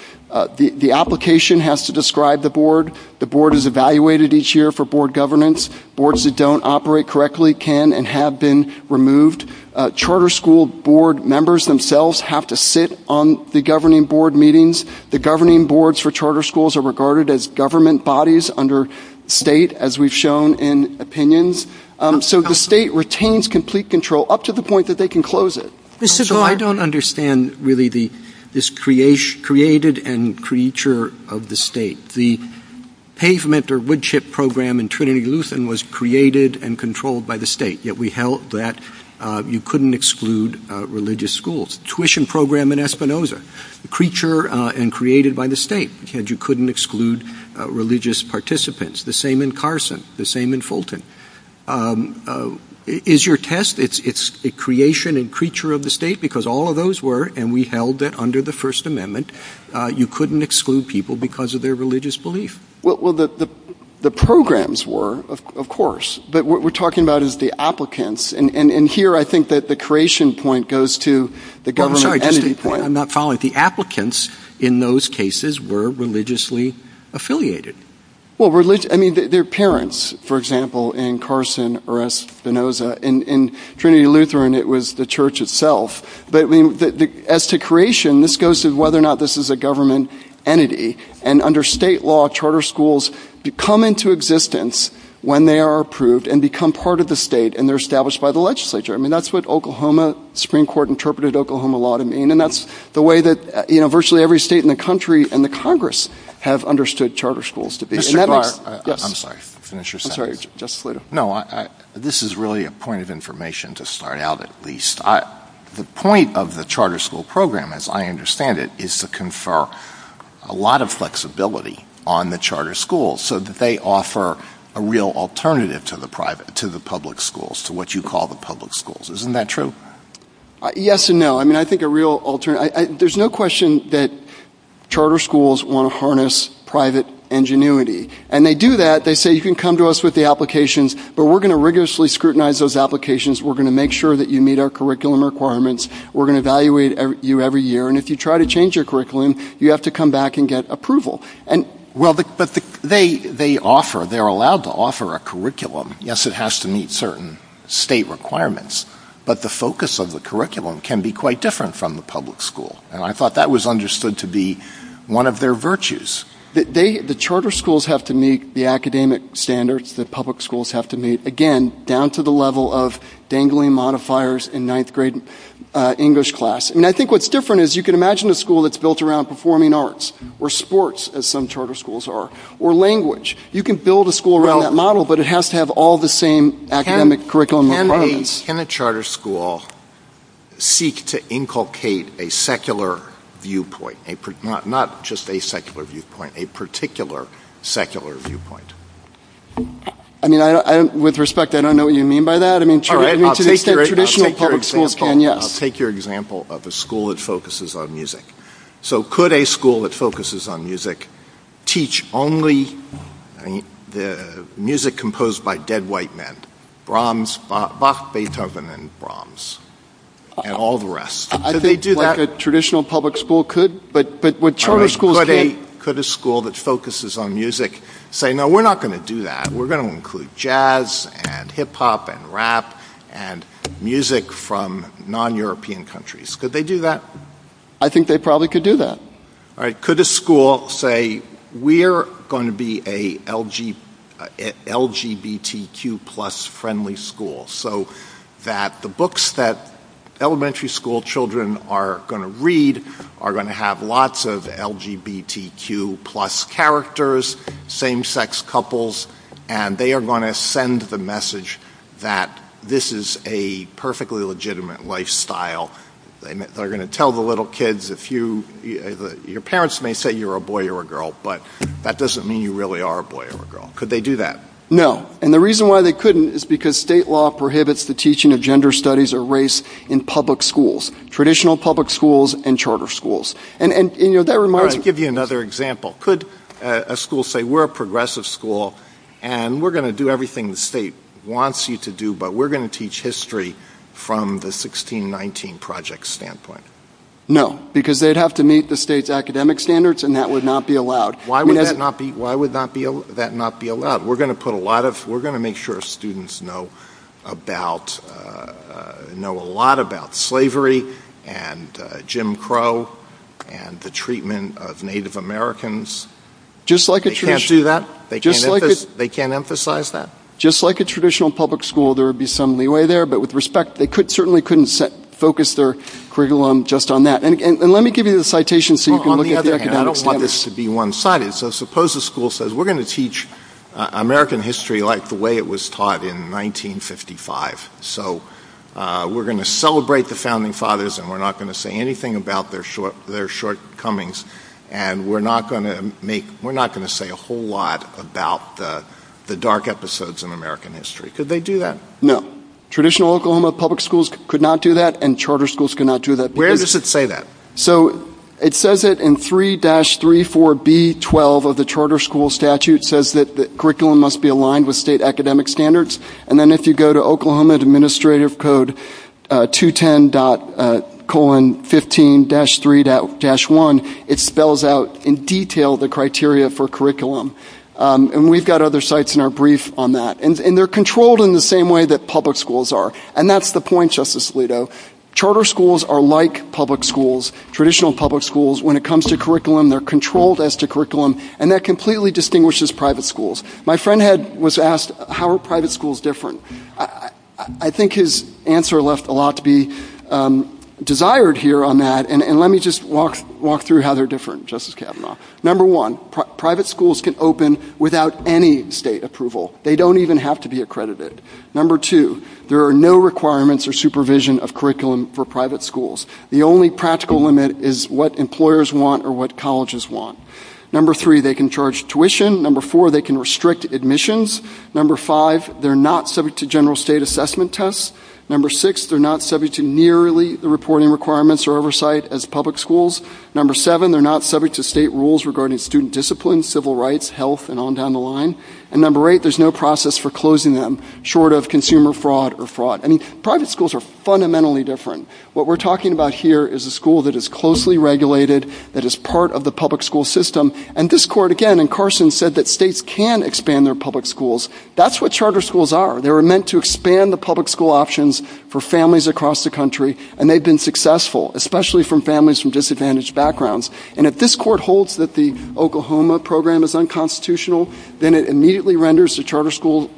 The application has to describe the board. The board is evaluated each year for board governance. Boards that don't operate correctly can and have been removed. Charter school board members themselves have to sit on the governing board for meetings. The governing boards for charter schools are regarded as government bodies under state, as we've shown in opinions. So the state retains complete control up to the point that they can close it. So I don't understand, really, this created and creature of the state. The pavement or wood chip program in Trinity Lutheran was created and controlled by the state, yet we held that you couldn't exclude religious schools. Tuition program in Espinosa. Creature and created by the state. Yet you couldn't exclude religious participants. The same in Carson. The same in Fulton. Is your test, it's a creation and creature of the state because all of those were, and we held that under the First Amendment, you couldn't exclude people because of their religious belief. Well, the programs were, of course. But what we're talking about is the applicants. And here I think that the creation point goes to the government entity point. I'm not following. The applicants in those cases were religiously affiliated. Well, they're parents, for example, in Carson or Espinosa. In Trinity Lutheran, it was the church itself. But as to creation, this goes to whether or not this is a government entity. And under state law, charter schools become into existence when they are approved and become part of the state and they're established by the legislature. I mean, that's what Oklahoma Supreme Court interpreted Oklahoma law to mean. And that's the way that, you know, virtually every state in the country and the Congress have understood charter schools. Mr. Clark, I'm sorry. Finish your sentence. I'm sorry. Just wait a minute. No, this is really a point of information to start out at least. The point of the charter school program, as I understand it, is to confer a lot of flexibility on the charter schools so that they offer a real alternative to the public schools, to what you call the public schools. Isn't that true? Yes and no. I mean, I think a real alternative... There's no question that charter schools want to harness private ingenuity. And they do that. They say, you can come to us with the applications, but we're going to rigorously scrutinize those applications. We're going to make sure that you meet our curriculum requirements. We're going to evaluate you every year. And if you try to change your curriculum, you have to come back and get approval. Well, but they offer, they're allowed to offer a curriculum. Yes, it has to meet certain state requirements, but the focus of the curriculum can be quite different from the public school. And I thought that was understood to be one of their virtues. The charter schools have to meet the academic standards that public schools have to meet, again, down to the level of dangling modifiers in ninth grade English class. And I think what's different is you can imagine a school that's built around performing arts or sports, as some charter schools are, or language. You can build a school around that model, but it has to have all the same academic curriculum requirements. Can a charter school seek to inculcate a secular viewpoint, not just a secular viewpoint, a particular secular viewpoint? I mean, with respect, I don't know what you mean by that. I mean, charter schools are traditional public schools, Ken, yes. I'll take your example of a school that focuses on music. So could a school that focuses on music teach only the music composed by dead white men, Brahms, Bach, Beethoven, and Brahms, and all the rest? Could they do that? I think what a traditional public school could, but what charter schools can't. Could a school that focuses on music say, no, we're not going to do that. We're going to include jazz and hip-hop and rap and music from non-European countries. Could they do that? I think they probably could do that. Could a school say, we're going to be a LGBTQ plus friendly school. So that the books that elementary school children are going to read are going to have lots of LGBTQ plus characters, same-sex couples, and they are going to send the message that this is a perfectly legitimate lifestyle. They're going to tell the little kids if you, your parents may say you're a boy or a girl, but that doesn't mean you really are a boy or a girl. Could they do that? No, and the reason why they couldn't is because state law prohibits the teaching of gender studies or race in public schools, traditional public schools and charter schools. I'll give you another example. Could a school say, we're a progressive school and we're going to do everything the state wants you to do, but we're going to teach history from the 1619 project standpoint? No, because they'd have to meet the state's academic standards and that would not be allowed. Why would that not be allowed? We're going to make sure students know a lot about slavery and Jim Crow and the treatment of Native Americans. They can't do that? They can't emphasize that? Just like a traditional public school, there would be some leeway there, but with respect, they certainly couldn't focus their curriculum just on that. And let me give you the citation so you can look at the academic standards. On the other hand, I don't want this to be one-sided, so suppose a school says, we're going to teach American history like the way it was taught in 1955. So we're going to celebrate the founding fathers and we're not going to say anything about their shortcomings and we're not going to say a whole lot about the dark episodes in American history. Could they do that? No. Traditional Oklahoma public schools could not do that and charter schools could not do that. Where does it say that? So it says that in 3-34B12 of the charter school statute, it says that the curriculum must be aligned with state academic standards. And then if you go to Oklahoma Administrative Code 210.15-3-1, it spells out in detail the criteria for curriculum. And we've got other sites in our brief on that. And they're controlled in the same way that public schools are. And that's the point, Justice Alito. Charter schools are like public schools, traditional public schools. When it comes to curriculum, they're controlled as to curriculum and that completely distinguishes private schools. My friend was asked, how are private schools different? I think his answer left a lot to be desired here on that. And let me just walk through how they're different, Justice Kavanaugh. Number one, private schools can open without any state approval. They don't even have to be accredited. Number two, there are no requirements or supervision of curriculum for private schools. The only practical limit is what employers want or what colleges want. Number three, they can charge tuition. Number four, they can restrict admissions. Number five, they're not subject to general state assessment tests. Number six, they're not subject to nearly the reporting requirements or oversight as public schools. Number seven, they're not subject to state rules regarding student discipline, civil rights, health, and on down the line. And number eight, there's no process for closing them, short of consumer fraud or fraud. I mean, private schools are fundamentally different. What we're talking about here is a school that is closely regulated, that is part of the public school system. And this court, again, and Carson said that states can expand their public schools. That's what charter schools are. They were meant to expand the public school options for families across the country, and they've been successful, especially for families from disadvantaged backgrounds. And if this court holds that the Oklahoma program is unconstitutional, then it immediately renders the charter school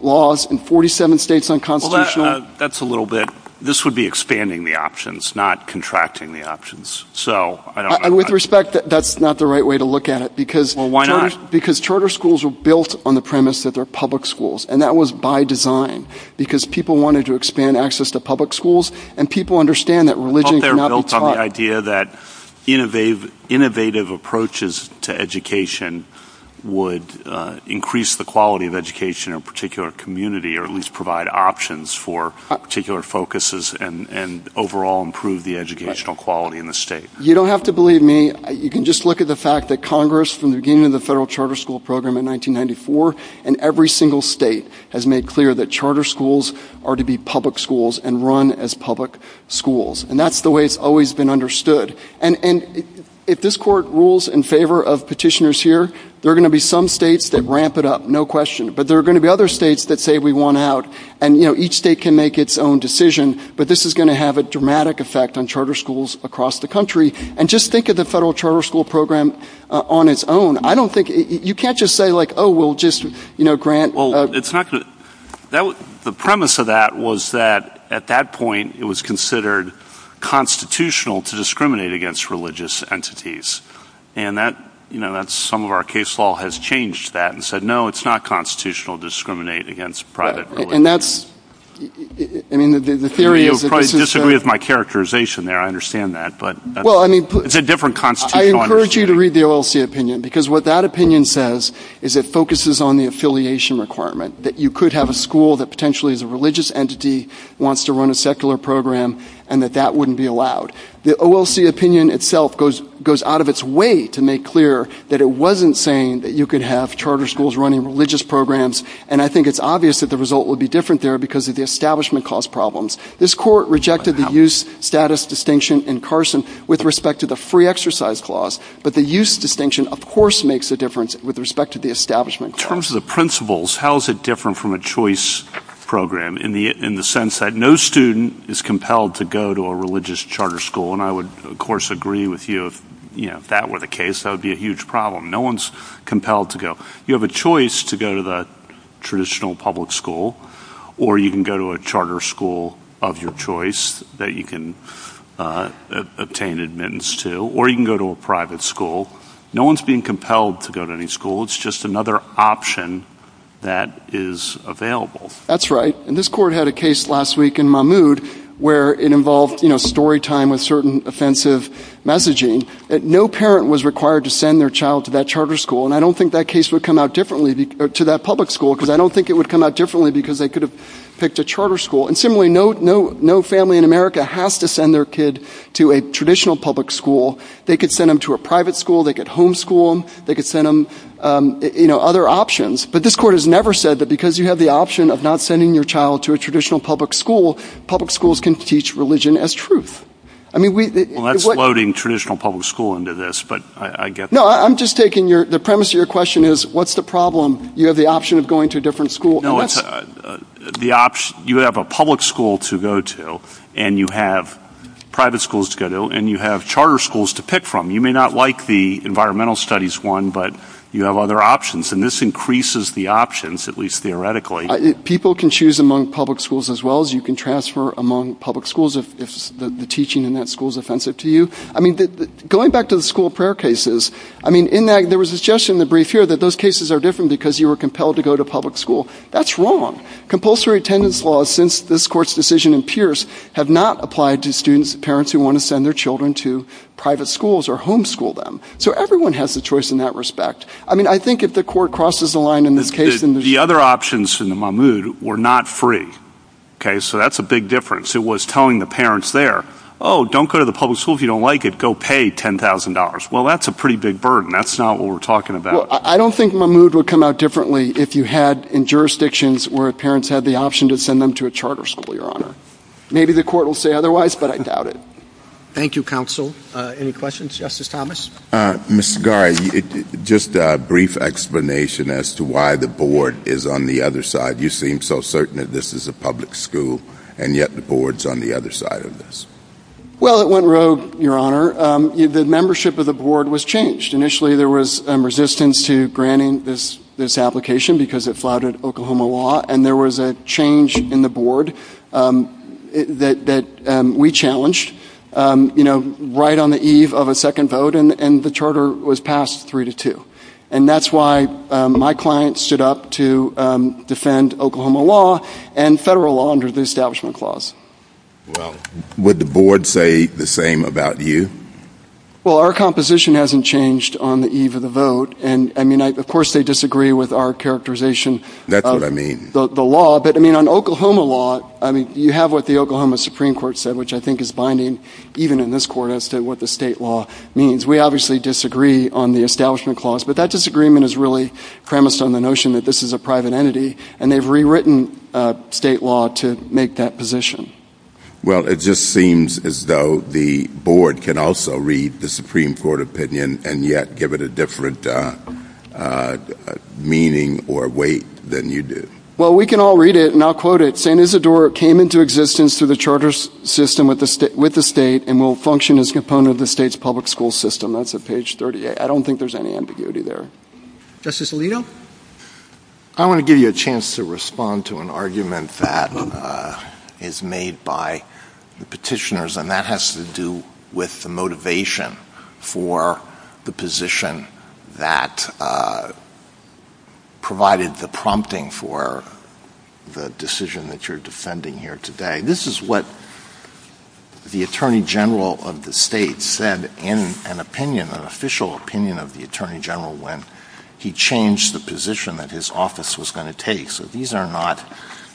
laws in 47 states unconstitutional. Well, that's a little bit. This would be expanding the options, not contracting the options. With respect, that's not the right way to look at it because charter schools were built on the premise that they're public schools, and that was by design because people wanted to expand access to public schools and people understand that religion cannot be taught. Well, they're built on the idea that innovative approaches to education would increase the quality of education in a particular community or at least provide options for particular focuses and overall improve the educational quality in the state. You don't have to believe me. You can just look at the fact that Congress, from the beginning of the federal charter school program in 1994, in every single state, has made clear that charter schools are to be public schools and run as public schools. And that's the way it's always been understood. And if this court rules in favor of petitioners here, there are going to be some states that ramp it up, no question, but there are going to be other states that say we want out. And each state can make its own decision, but this is going to have a dramatic effect on charter schools across the country. And just think of the federal charter school program on its own. I don't think... You can't just say, like, oh, well, just, you know, grant... Well, it's not... The premise of that was that, at that point, it was considered constitutional to discriminate against religious entities. And that, you know, some of our case law has changed that and said, no, it's not constitutional to discriminate against private religion. And that's... I mean, the theory... You'll probably disagree with my characterization there. I understand that, but... Well, I mean... It's a different constitutional understanding. I encourage you to read the OLC opinion because what that opinion says is it focuses on the affiliation requirement, that you could have a school that potentially is a religious entity, wants to run a secular program, and that that wouldn't be allowed. The OLC opinion itself goes out of its way to make clear that it wasn't saying that you could have charter schools running religious programs, and I think it's obvious that the result would be different there because the establishment caused problems. This court rejected the use, status distinction in Carson with respect to the free exercise clause, but the use distinction of course makes a difference with respect to the establishment clause. In terms of the principles, how is it different from a choice program in the sense that no student is compelled to go to a religious charter school? And I would, of course, agree with you if that were the case. That would be a huge problem. No one's compelled to go. You have a choice to go to the traditional public school, or you can go to a charter school of your choice that you can obtain admittance to, or you can go to a private school. No one's being compelled to go to any school. It's just another option that is available. That's right. And this court had a case last week in Mahmoud where it involved story time with certain offensive messaging that no parent was required to send their child to that charter school, and I don't think that case would come out differently to that public school because I don't think it would come out differently because they could have to a charter school. And similarly, no family in America has to send their kid to a traditional public school. They could send them to a private school. They could homeschool them. They could send them other options. But this court has never said that because you have the option of not sending your child to a traditional public school, public schools can teach religion as truth. Well, that's loading traditional public school into this, but I get that. No, I'm just taking the premise of your question is what's the problem? You have the option of going to a different school. No, you have a public school to go to, and you have private schools to go to, and you have charter schools to pick from. You may not like the environmental studies one, but you have other options, and this increases the options, at least theoretically. People can choose among public schools as well as you can transfer among public schools if the teaching in that school is offensive to you. Going back to the school prayer cases, there was a suggestion in the brief here that those cases are different because you were compelled to go to public school. That's wrong. Compulsory attendance laws since this court's decision in Pierce have not applied to students and parents who want to send their children to private schools or homeschool them. So everyone has the choice in that respect. I mean, I think if the court crosses the line in this case... The other options in Mahmoud were not free, so that's a big difference. It was telling the parents there, oh, don't go to the public school if you don't like it. Go pay $10,000. Well, that's a pretty big burden. That's not what we're talking about. I don't think Mahmoud would come out differently if you had in jurisdictions where parents had the option to send them to a charter school, Your Honor. Maybe the court will say otherwise, but I doubt it. Thank you, Counsel. Any questions, Justice Thomas? Mr. Garra, just a brief explanation as to why the board is on the other side. You seem so certain that this is a public school, and yet the board's on the other side of this. Well, it went rogue, Your Honor. The membership of the board was changed. Initially, there was resistance to granting this application because it flouted Oklahoma law, and there was a change in the board that we challenged right on the eve of a second vote, and the charter was passed 3-2. And that's why my client stood up to defend the board against Oklahoma law and federal law under the Establishment Clause. Well, would the board say the same about you? Well, our composition hasn't changed on the eve of the vote, and I mean, of course they disagree with our characterization of the law. But I mean, on Oklahoma law, I mean, you have what the Oklahoma Supreme Court said, which I think is binding, even in this court, as to what the state law means. We obviously disagree on the Establishment Clause, but that disagreement is really premised on the notion that this is a private entity, and they've rewritten state law to make that position. Well, it just seems as though the board can also read the Supreme Court opinion and yet give it a different meaning or weight than you do. Well, we can all read it, and I'll quote it. St. Isidore came into existence through the charter system with the state and will function as a component of the state's public school system. That's at page 38. I don't think there's any ambiguity there. Justice Alito? I want to give you a chance to respond to an argument that is made by the petitioners, and that has to do with the motivation for the position that provided the prompting for the decision that you're defending here today. This is what the Attorney General of the state said in an opinion, an official opinion of the Attorney General, when he changed the position that his office was going to take. So these are not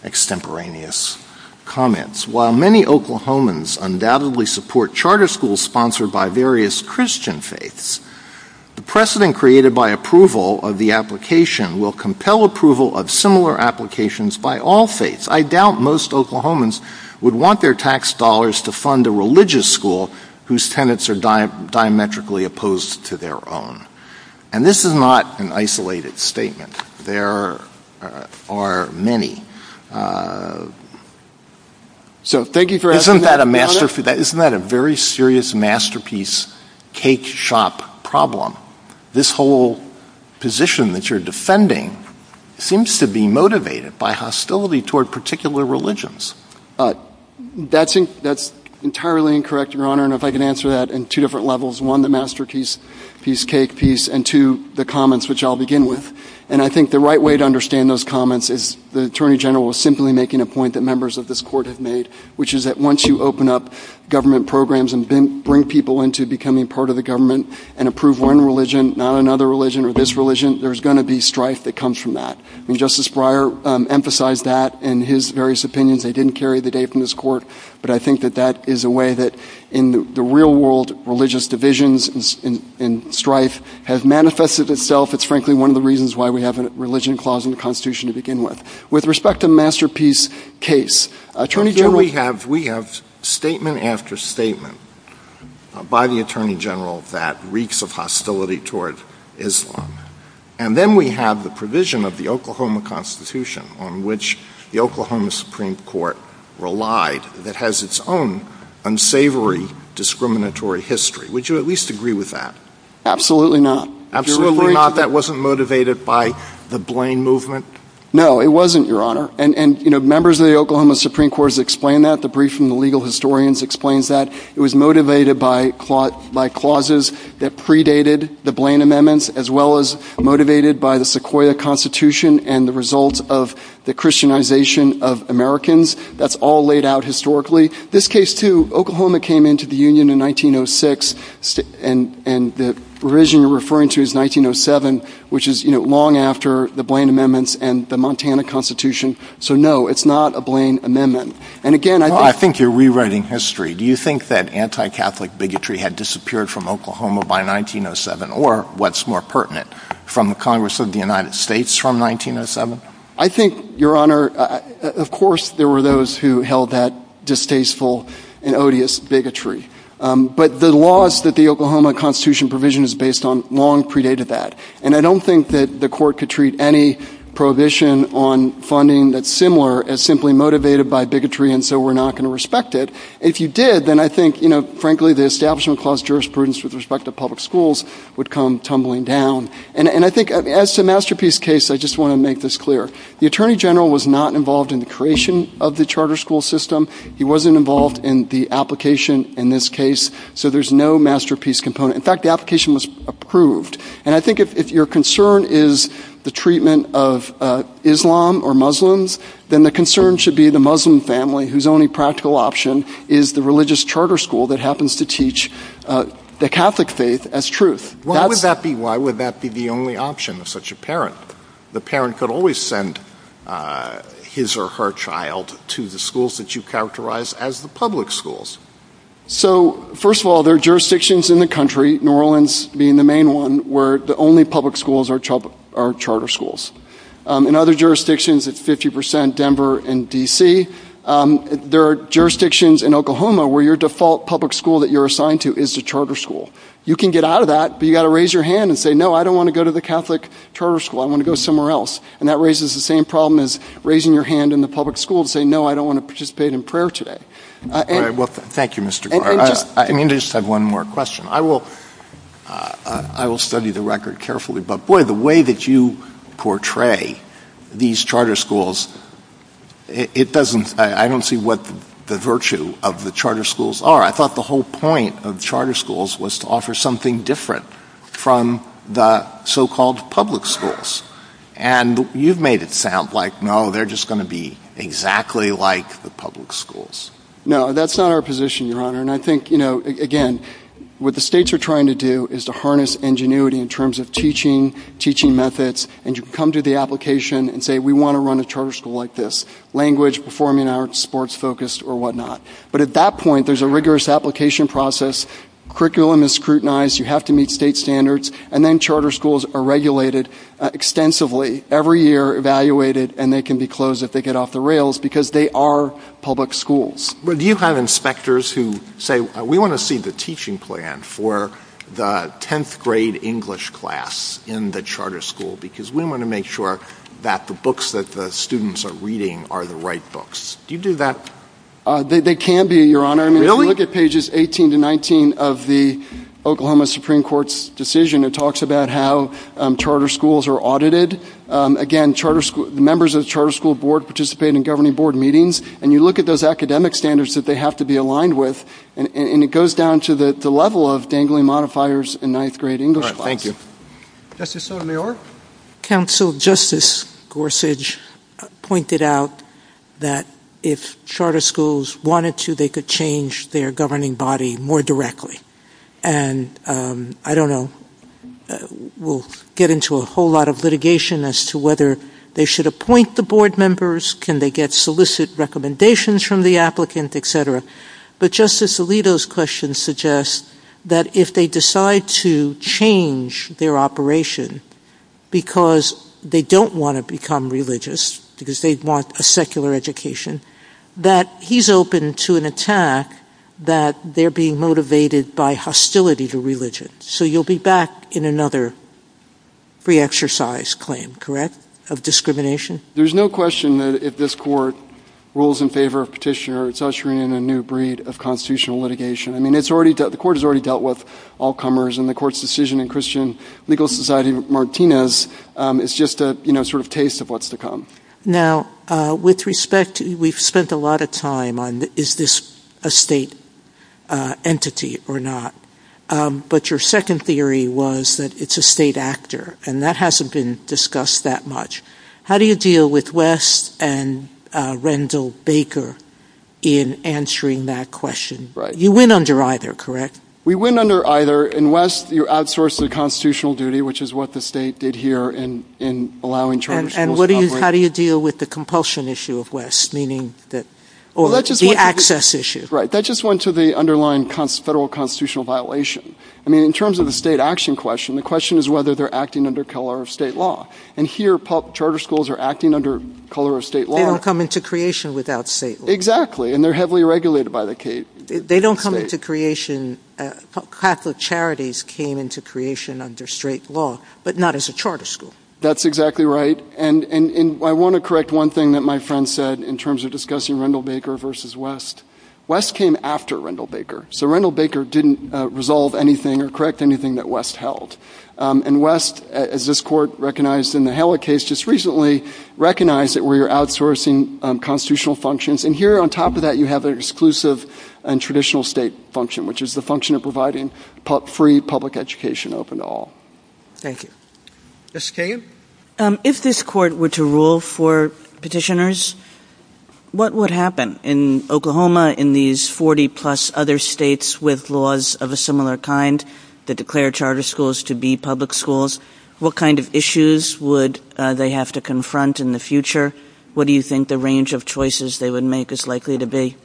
extemporaneous comments. While many Oklahomans undoubtedly support charter schools sponsored by various Christian faiths, the precedent created by approval of the application will compel approval of similar applications by all faiths. I doubt most Oklahomans would want their tax dollars to fund a religious school whose tenants are diametrically opposed to their own. And this is not an isolated story. There are many. Isn't that a very serious masterpiece cake shop problem? This whole position that you're defending seems to be motivated by hostility toward particular religions. That's entirely incorrect, Your Honor, and if I can answer that in two different levels, one, the masterpiece piece, cake piece, and two, the comments, which I'll begin with. And I think the right way to understand those comments is the Attorney General is simply making a point that members of this court have made, which is that once you open up government programs and bring people into becoming part of the government and approve one religion, not another religion or this religion, there's going to be strife that comes from that. And Justice Breyer emphasized that in his various opinions. They didn't carry the day from this court, but I think that that is a way that in the real world, religious divisions and strife have manifested themselves. It's frankly one of the reasons why we have a religion clause in the Constitution to begin with. With respect to masterpiece case, Attorney General... We have statement after statement by the Attorney General that reeks of hostility towards Islam, and then we have the provision of the Oklahoma Constitution on which the Oklahoma Supreme Court relied that has its own unsavory discriminatory history. Would you at least agree with that? Absolutely not. Absolutely not? That wasn't motivated by the Blaine movement? No, it wasn't, Your Honor. And, you know, members of the Oklahoma Supreme Court have explained that. The brief from the legal historians explains that. It was motivated by clauses that predated the Blaine amendments, as well as motivated by the Sequoyah Constitution and the result of the Christianization of Americans. That's all laid out historically. This case, too, Oklahoma came into the Union in 1906, and the religion you're talking about after the Blaine amendments and the Montana Constitution. So, no, it's not a Blaine amendment. Well, I think you're rewriting history. Do you think that anti-Catholic bigotry had disappeared from Oklahoma by 1907, or what's more pertinent, from the Congress of the United States from 1907? I think, Your Honor, of course, there were those who held that distasteful and odious bigotry. But the laws that the Oklahoma Constitution provision is based on long predated that. And I don't think that the court could treat any prohibition on funding that's similar as simply motivated by bigotry, and so we're not going to respect it. If you did, then I think frankly the establishment of jurisprudence with respect to public schools would come tumbling down. As to the masterpiece case, I want to make this clear. The Attorney General was not involved in the creation of the charter school system. He wasn't involved in the application in this case, so there's no masterpiece component. In fact, the application was approved. And I think if your concern is the treatment of Islam or Muslims, then the concern should be the Muslim family whose only practical option is the religious charter school that happens to teach the Catholic faith as truth. Why would that be the only option of such a The parent could always send his or her child to the schools that you characterize as the public schools. First of all, there are jurisdictions in the country, New Orleans being the main one, where the only public schools are charter schools. In other jurisdictions, it's 50%, Denver, and D.C. There are jurisdictions in Oklahoma where your default public school that you're assigned to is the charter school public school that say, no, I don't want to participate in prayer today. Thank you, Mr. Clark. I just have one more question. I will study the record carefully. But, the way that you portray these jurisdictions they are public schools. Do you have inspectors who say, we want to see the teaching plan for the 10th grade English class in the charter school because we want to make sure that the books that the students are reading are the right books. Do you do that? They can do that. If you look at pages 18-19 of the Oklahoma Supreme Court's about how charter schools are audited. Again, members of the charter school board participate in meetings. You look at the academic standards and it goes down to the level of the change their governing body more directly. I don't know. get into a whole lot of litigation as to whether they should appoint the members, can they get solicit recommendations from the applicant, But Justice Alito's question suggests that if they decide to change their operation because they don't want to religious because they want a secular education, that he's open to an attack that they're being motivated by hostility to religion. So you'll be back in another pre-exercise claim, of discrimination? There's no question that if this court rules in favor of petitioners it's ushering in a new breed of constitutional litigation. The court has already dealt with all comers and the court's decision in Martinez is just a taste of what's to come. with respect, we've spent a lot of time on is this a state entity or not, but your second theory was that it's a state actor, and that hasn't been discussed that much. How do you deal with West and how do you deal with the compulsion issue of West? That just went to the underlying federal constitutional violation. In terms of the state action question, the question is whether they're acting under state law. They don't come into creation without state law. That's exactly right. I want to correct one thing that my friend said in terms of discussing Rendall Baker versus West. West came after Rendall Baker. recognized it where you're outsourcing constitutional functions. On top of that, you have the traditional state function, which is providing free public education. If this court were to rule for petitioners, what would happen in Oklahoma in these 40 plus other states with laws of a similar kind that declare charter schools to be public schools? What kind of issues would they have to confront in the future? What do you think the range of choices they would make is likely to be?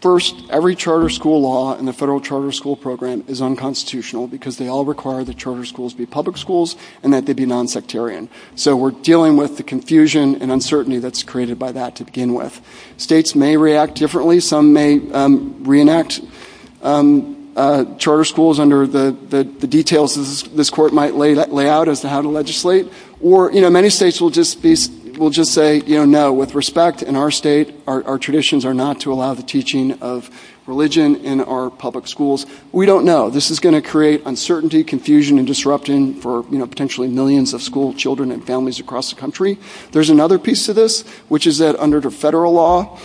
First, every charter school law in the federal charter school program is unconstitutional because they all require that charter schools be public schools and that they be nonsectarian. States may react differently. Some may reenact charter schools under the details this court might lay out as to how to legislate. Many states will just say, no, with respect, in our state, our traditions are not to allow the teaching of religion in our public schools. We don't want to This is going to uncertainty and confusion disrupting for millions of children and families across the country. There's another piece under the federal law,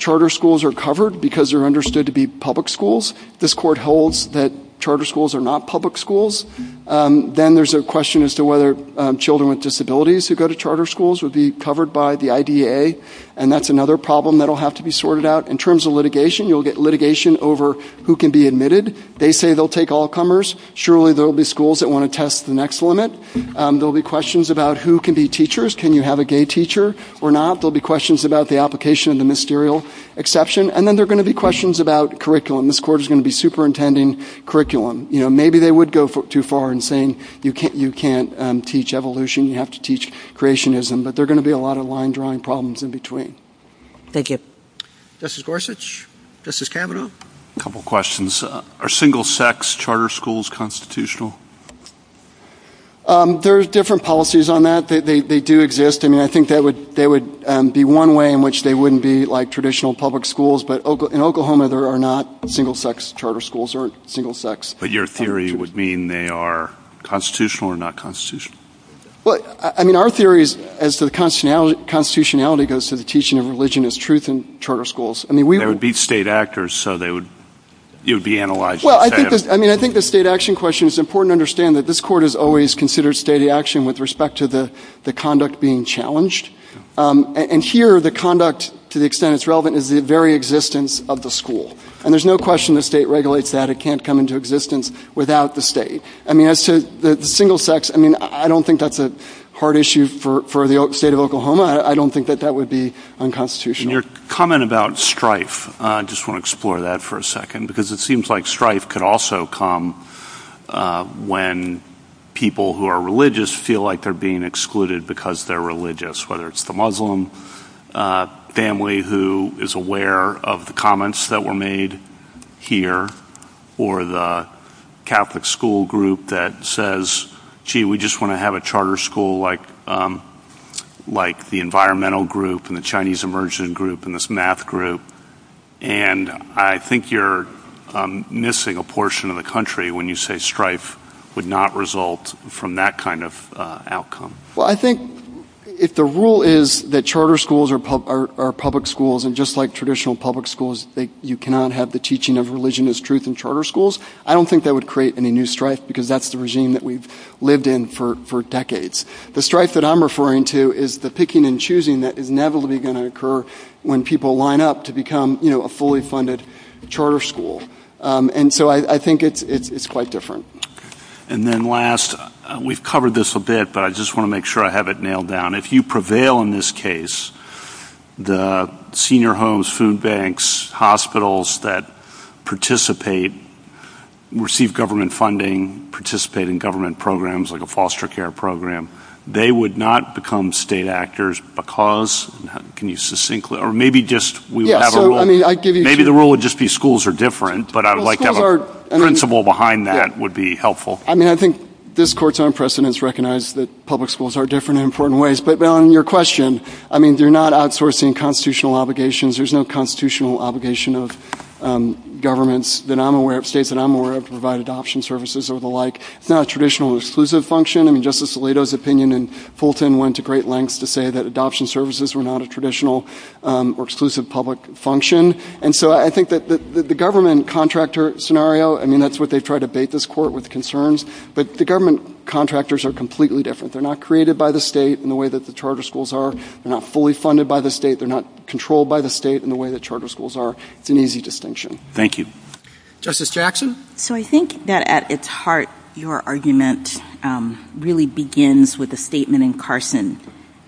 charter schools are covered because they're going to all comers. Surely there will be schools that want to test the next limit. There will be questions about who can be teachers, can you have a gay teacher or not. There will be questions about curriculum. Maybe they would go too far and say you can't evolution, you have to teach creationism. There will be problems in between. A couple questions. Are single sex charter schools constitutional? There are different policies on that. They do exist. I think that would be one way in which they wouldn't be like traditional public schools. In Oklahoma there are not single sex charter schools. Your theory would mean they are constitutional or not? Our theory as to constitutionality goes to teaching religion is truth in charter schools. I think the state action question is important to that this court has always considered existence of the school. There is no question the state can't come into existence without the state. I don't think that is a hard issue for the state of Oklahoma. I don't think that would be unconstitutional. Your comment about strife could also come when people who are religious feel like they are being excluded because they are religious. Whether it is the Muslim family who is aware of the comments that were made here or the Catholic school group that says we just want to have a charter school like the environmental group and the Chinese group and the math group. I think you are missing a portion of the country when you say strife would not result from that kind of outcome. I think if the rule is that charter schools are public schools and just like traditional public schools you cannot have the teaching of religion as truth in charter schools, I don't think that would create any new The strife that I am referring to is the picking and choosing that will never occur when people line up to become a fully funded charter school. I think it is quite different. If you prevail in this case, the senior homes, food banks, hospitals that participate, receive government funding, participate in government programs like a foster care program, they would not become state actors because maybe the rule would just be schools are different but I would like a principle behind that would be helpful. I think this court recognizes that public schools are different in important ways but on your question they are not outsourcing public constitutional obligation of governments that I am aware of to provide adoption services. It is not a exclusive function. Adoption services were not a traditional public function. The government contractor scenario, that is what they controlled by the state. It is an easy distinction. Justice Jackson? At its heart your argument begins with a statement in Carson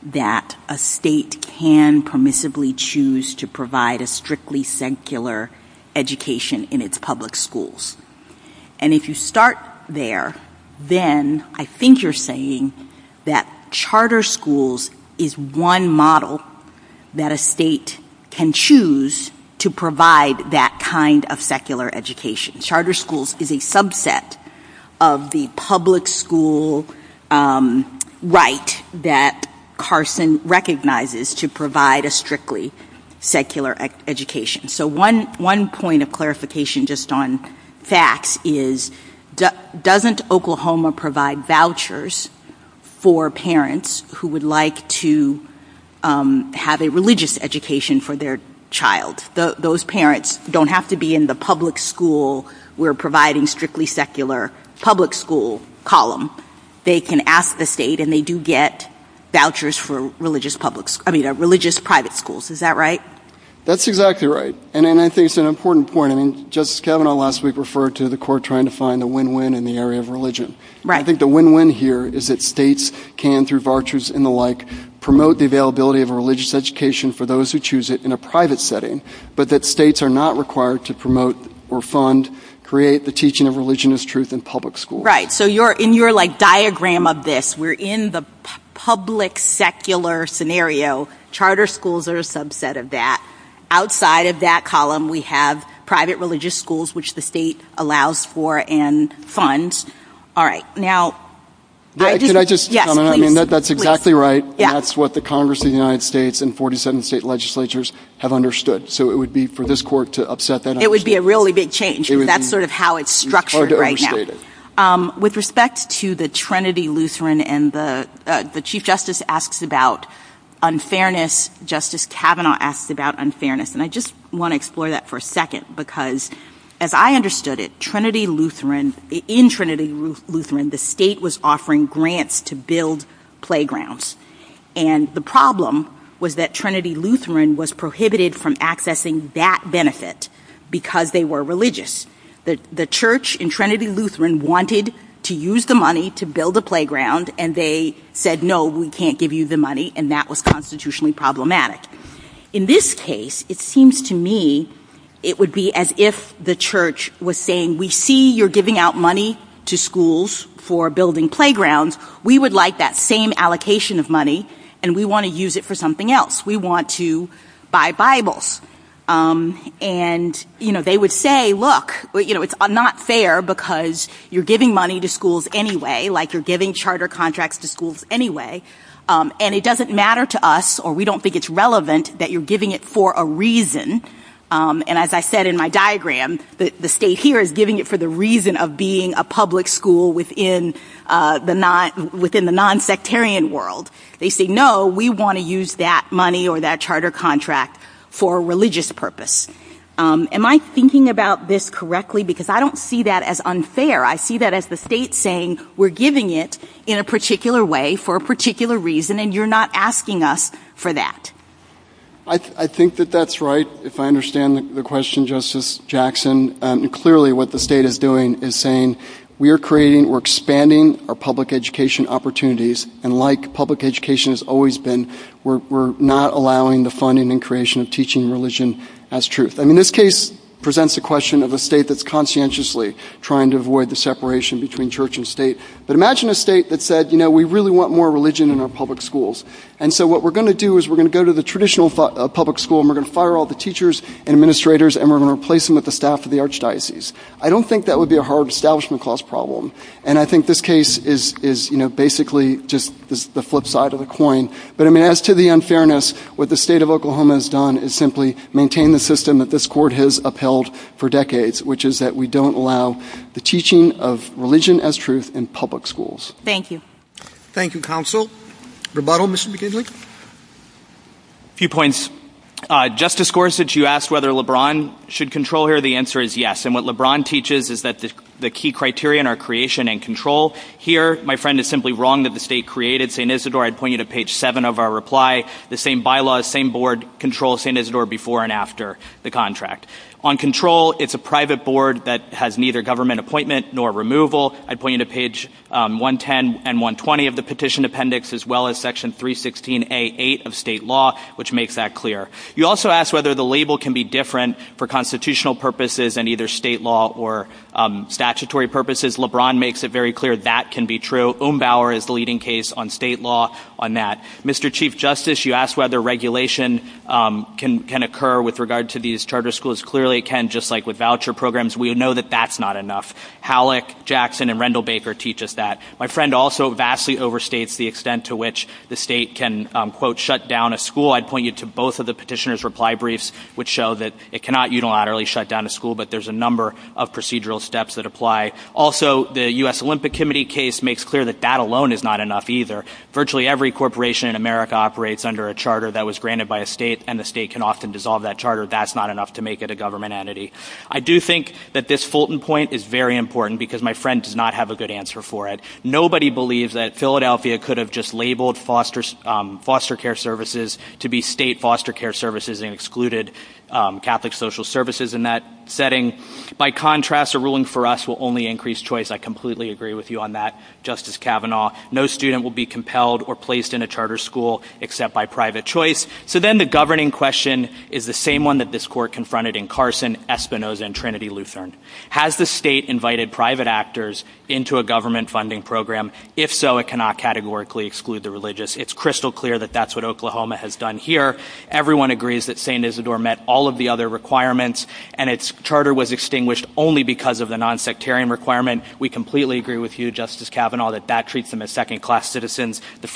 that a state can permissibly choose to provide a strictly secular education in its public schools. If you start there, then I think you that a state can choose to provide that kind of secular education. Charter schools is a subset of the public school right that Carson recognizes to provide a strictly secular education. So one point of clarification just on that is doesn't Oklahoma provide vouchers for parents who would like to have a religious education for their child. Those parents don't have to be in the public school we are providing strictly secular public school column. They can ask the state and they do get vouchers for religious private schools. Is that right? That's exactly right. I think it's an important point. Justice Kavanaugh referred to the win-win in the area of The win-win here is states can promote the availability of a religious education in a private setting but states are not required to create the teaching of religion as truth in public schools. In your diagram of this we are in the public secular scenario. Charter schools are a subset of that. Outside of that column we have private religious schools which the state allows for and funds. That's exactly right. That's what the issue is. With respect to Trinity Lutheran and the Chief Justice asks about unfairness Justice Kavanaugh asks about unfairness. As I understood it in Trinity Lutheran the state was offering grants to build playgrounds. The problem was that Trinity Lutheran was prohibited from accessing that benefit because they were religious. The church in Trinity Lutheran wanted to use the money to build a playground and they said no we can't give you the In this case it seems to me it would be as if the church was saying we see you're giving out money to schools anyway. say look it's not fair because you're giving money to schools anyway and it doesn't matter to us or we don't think it's relevant that you're giving it for a reason and as I said in my diagram the state here is giving it for the reason of being a public school within the nonsectarian world. They say no we want to use that money or that charter contract for religious purpose. Am I thinking about this correctly because I don't see that as unfair. I see that as the state saying we're giving it in a particular way for a reason and you're not asking us for that. I think that's right if I understand the question correctly. the state is saying we're expanding our public education opportunities and like public education has always been we're not allowing the funding and creation of teaching religion as truth. This case presents a question of a state that's conscientiously trying to avoid the separation between church and state. Imagine a state that religion as truth in public schools. What we're going to do is go to the traditional public school and fire all the teachers and and replace them with the staff. I don't think that would be a hard problem. As to the unfairness what the state Thank you. Rebuttal. A few points. Justice Gorsuch you asked if LeBron should control. The answer is yes. He's wrong that the state created Saint Isidore. I'd point out that created You also asked whether the label can be different for constitutional purposes. LeBron makes it clear that can be true. Mr. Chief Justice you asked whether regulation can occur with regard to these charter schools. is yes. clearly can with voucher programs that's not enough. My friend also vastly overstates the extent to which the state can shut down a school. cannot unilaterally shut down a school. The U.S. Olympic committee makes it clear that that alone is not enough either. every corporation operates under a charter granted by a state. That's not enough to make it a government entity. Nobody believes that Philadelphia could have labeled foster care services to be state services and excluded Catholic social services. By contrast a ruling for us will only increase choice. No student will be compelled or placed in a charter school except by private choice. Has the state invited private actors into a government funding program? It's crystal clear that that's what Oklahoma has done here. agrees that St. Isidore met all of the other requirements. We completely agree that that treats them as second class citizens. The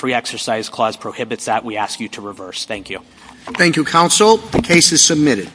funding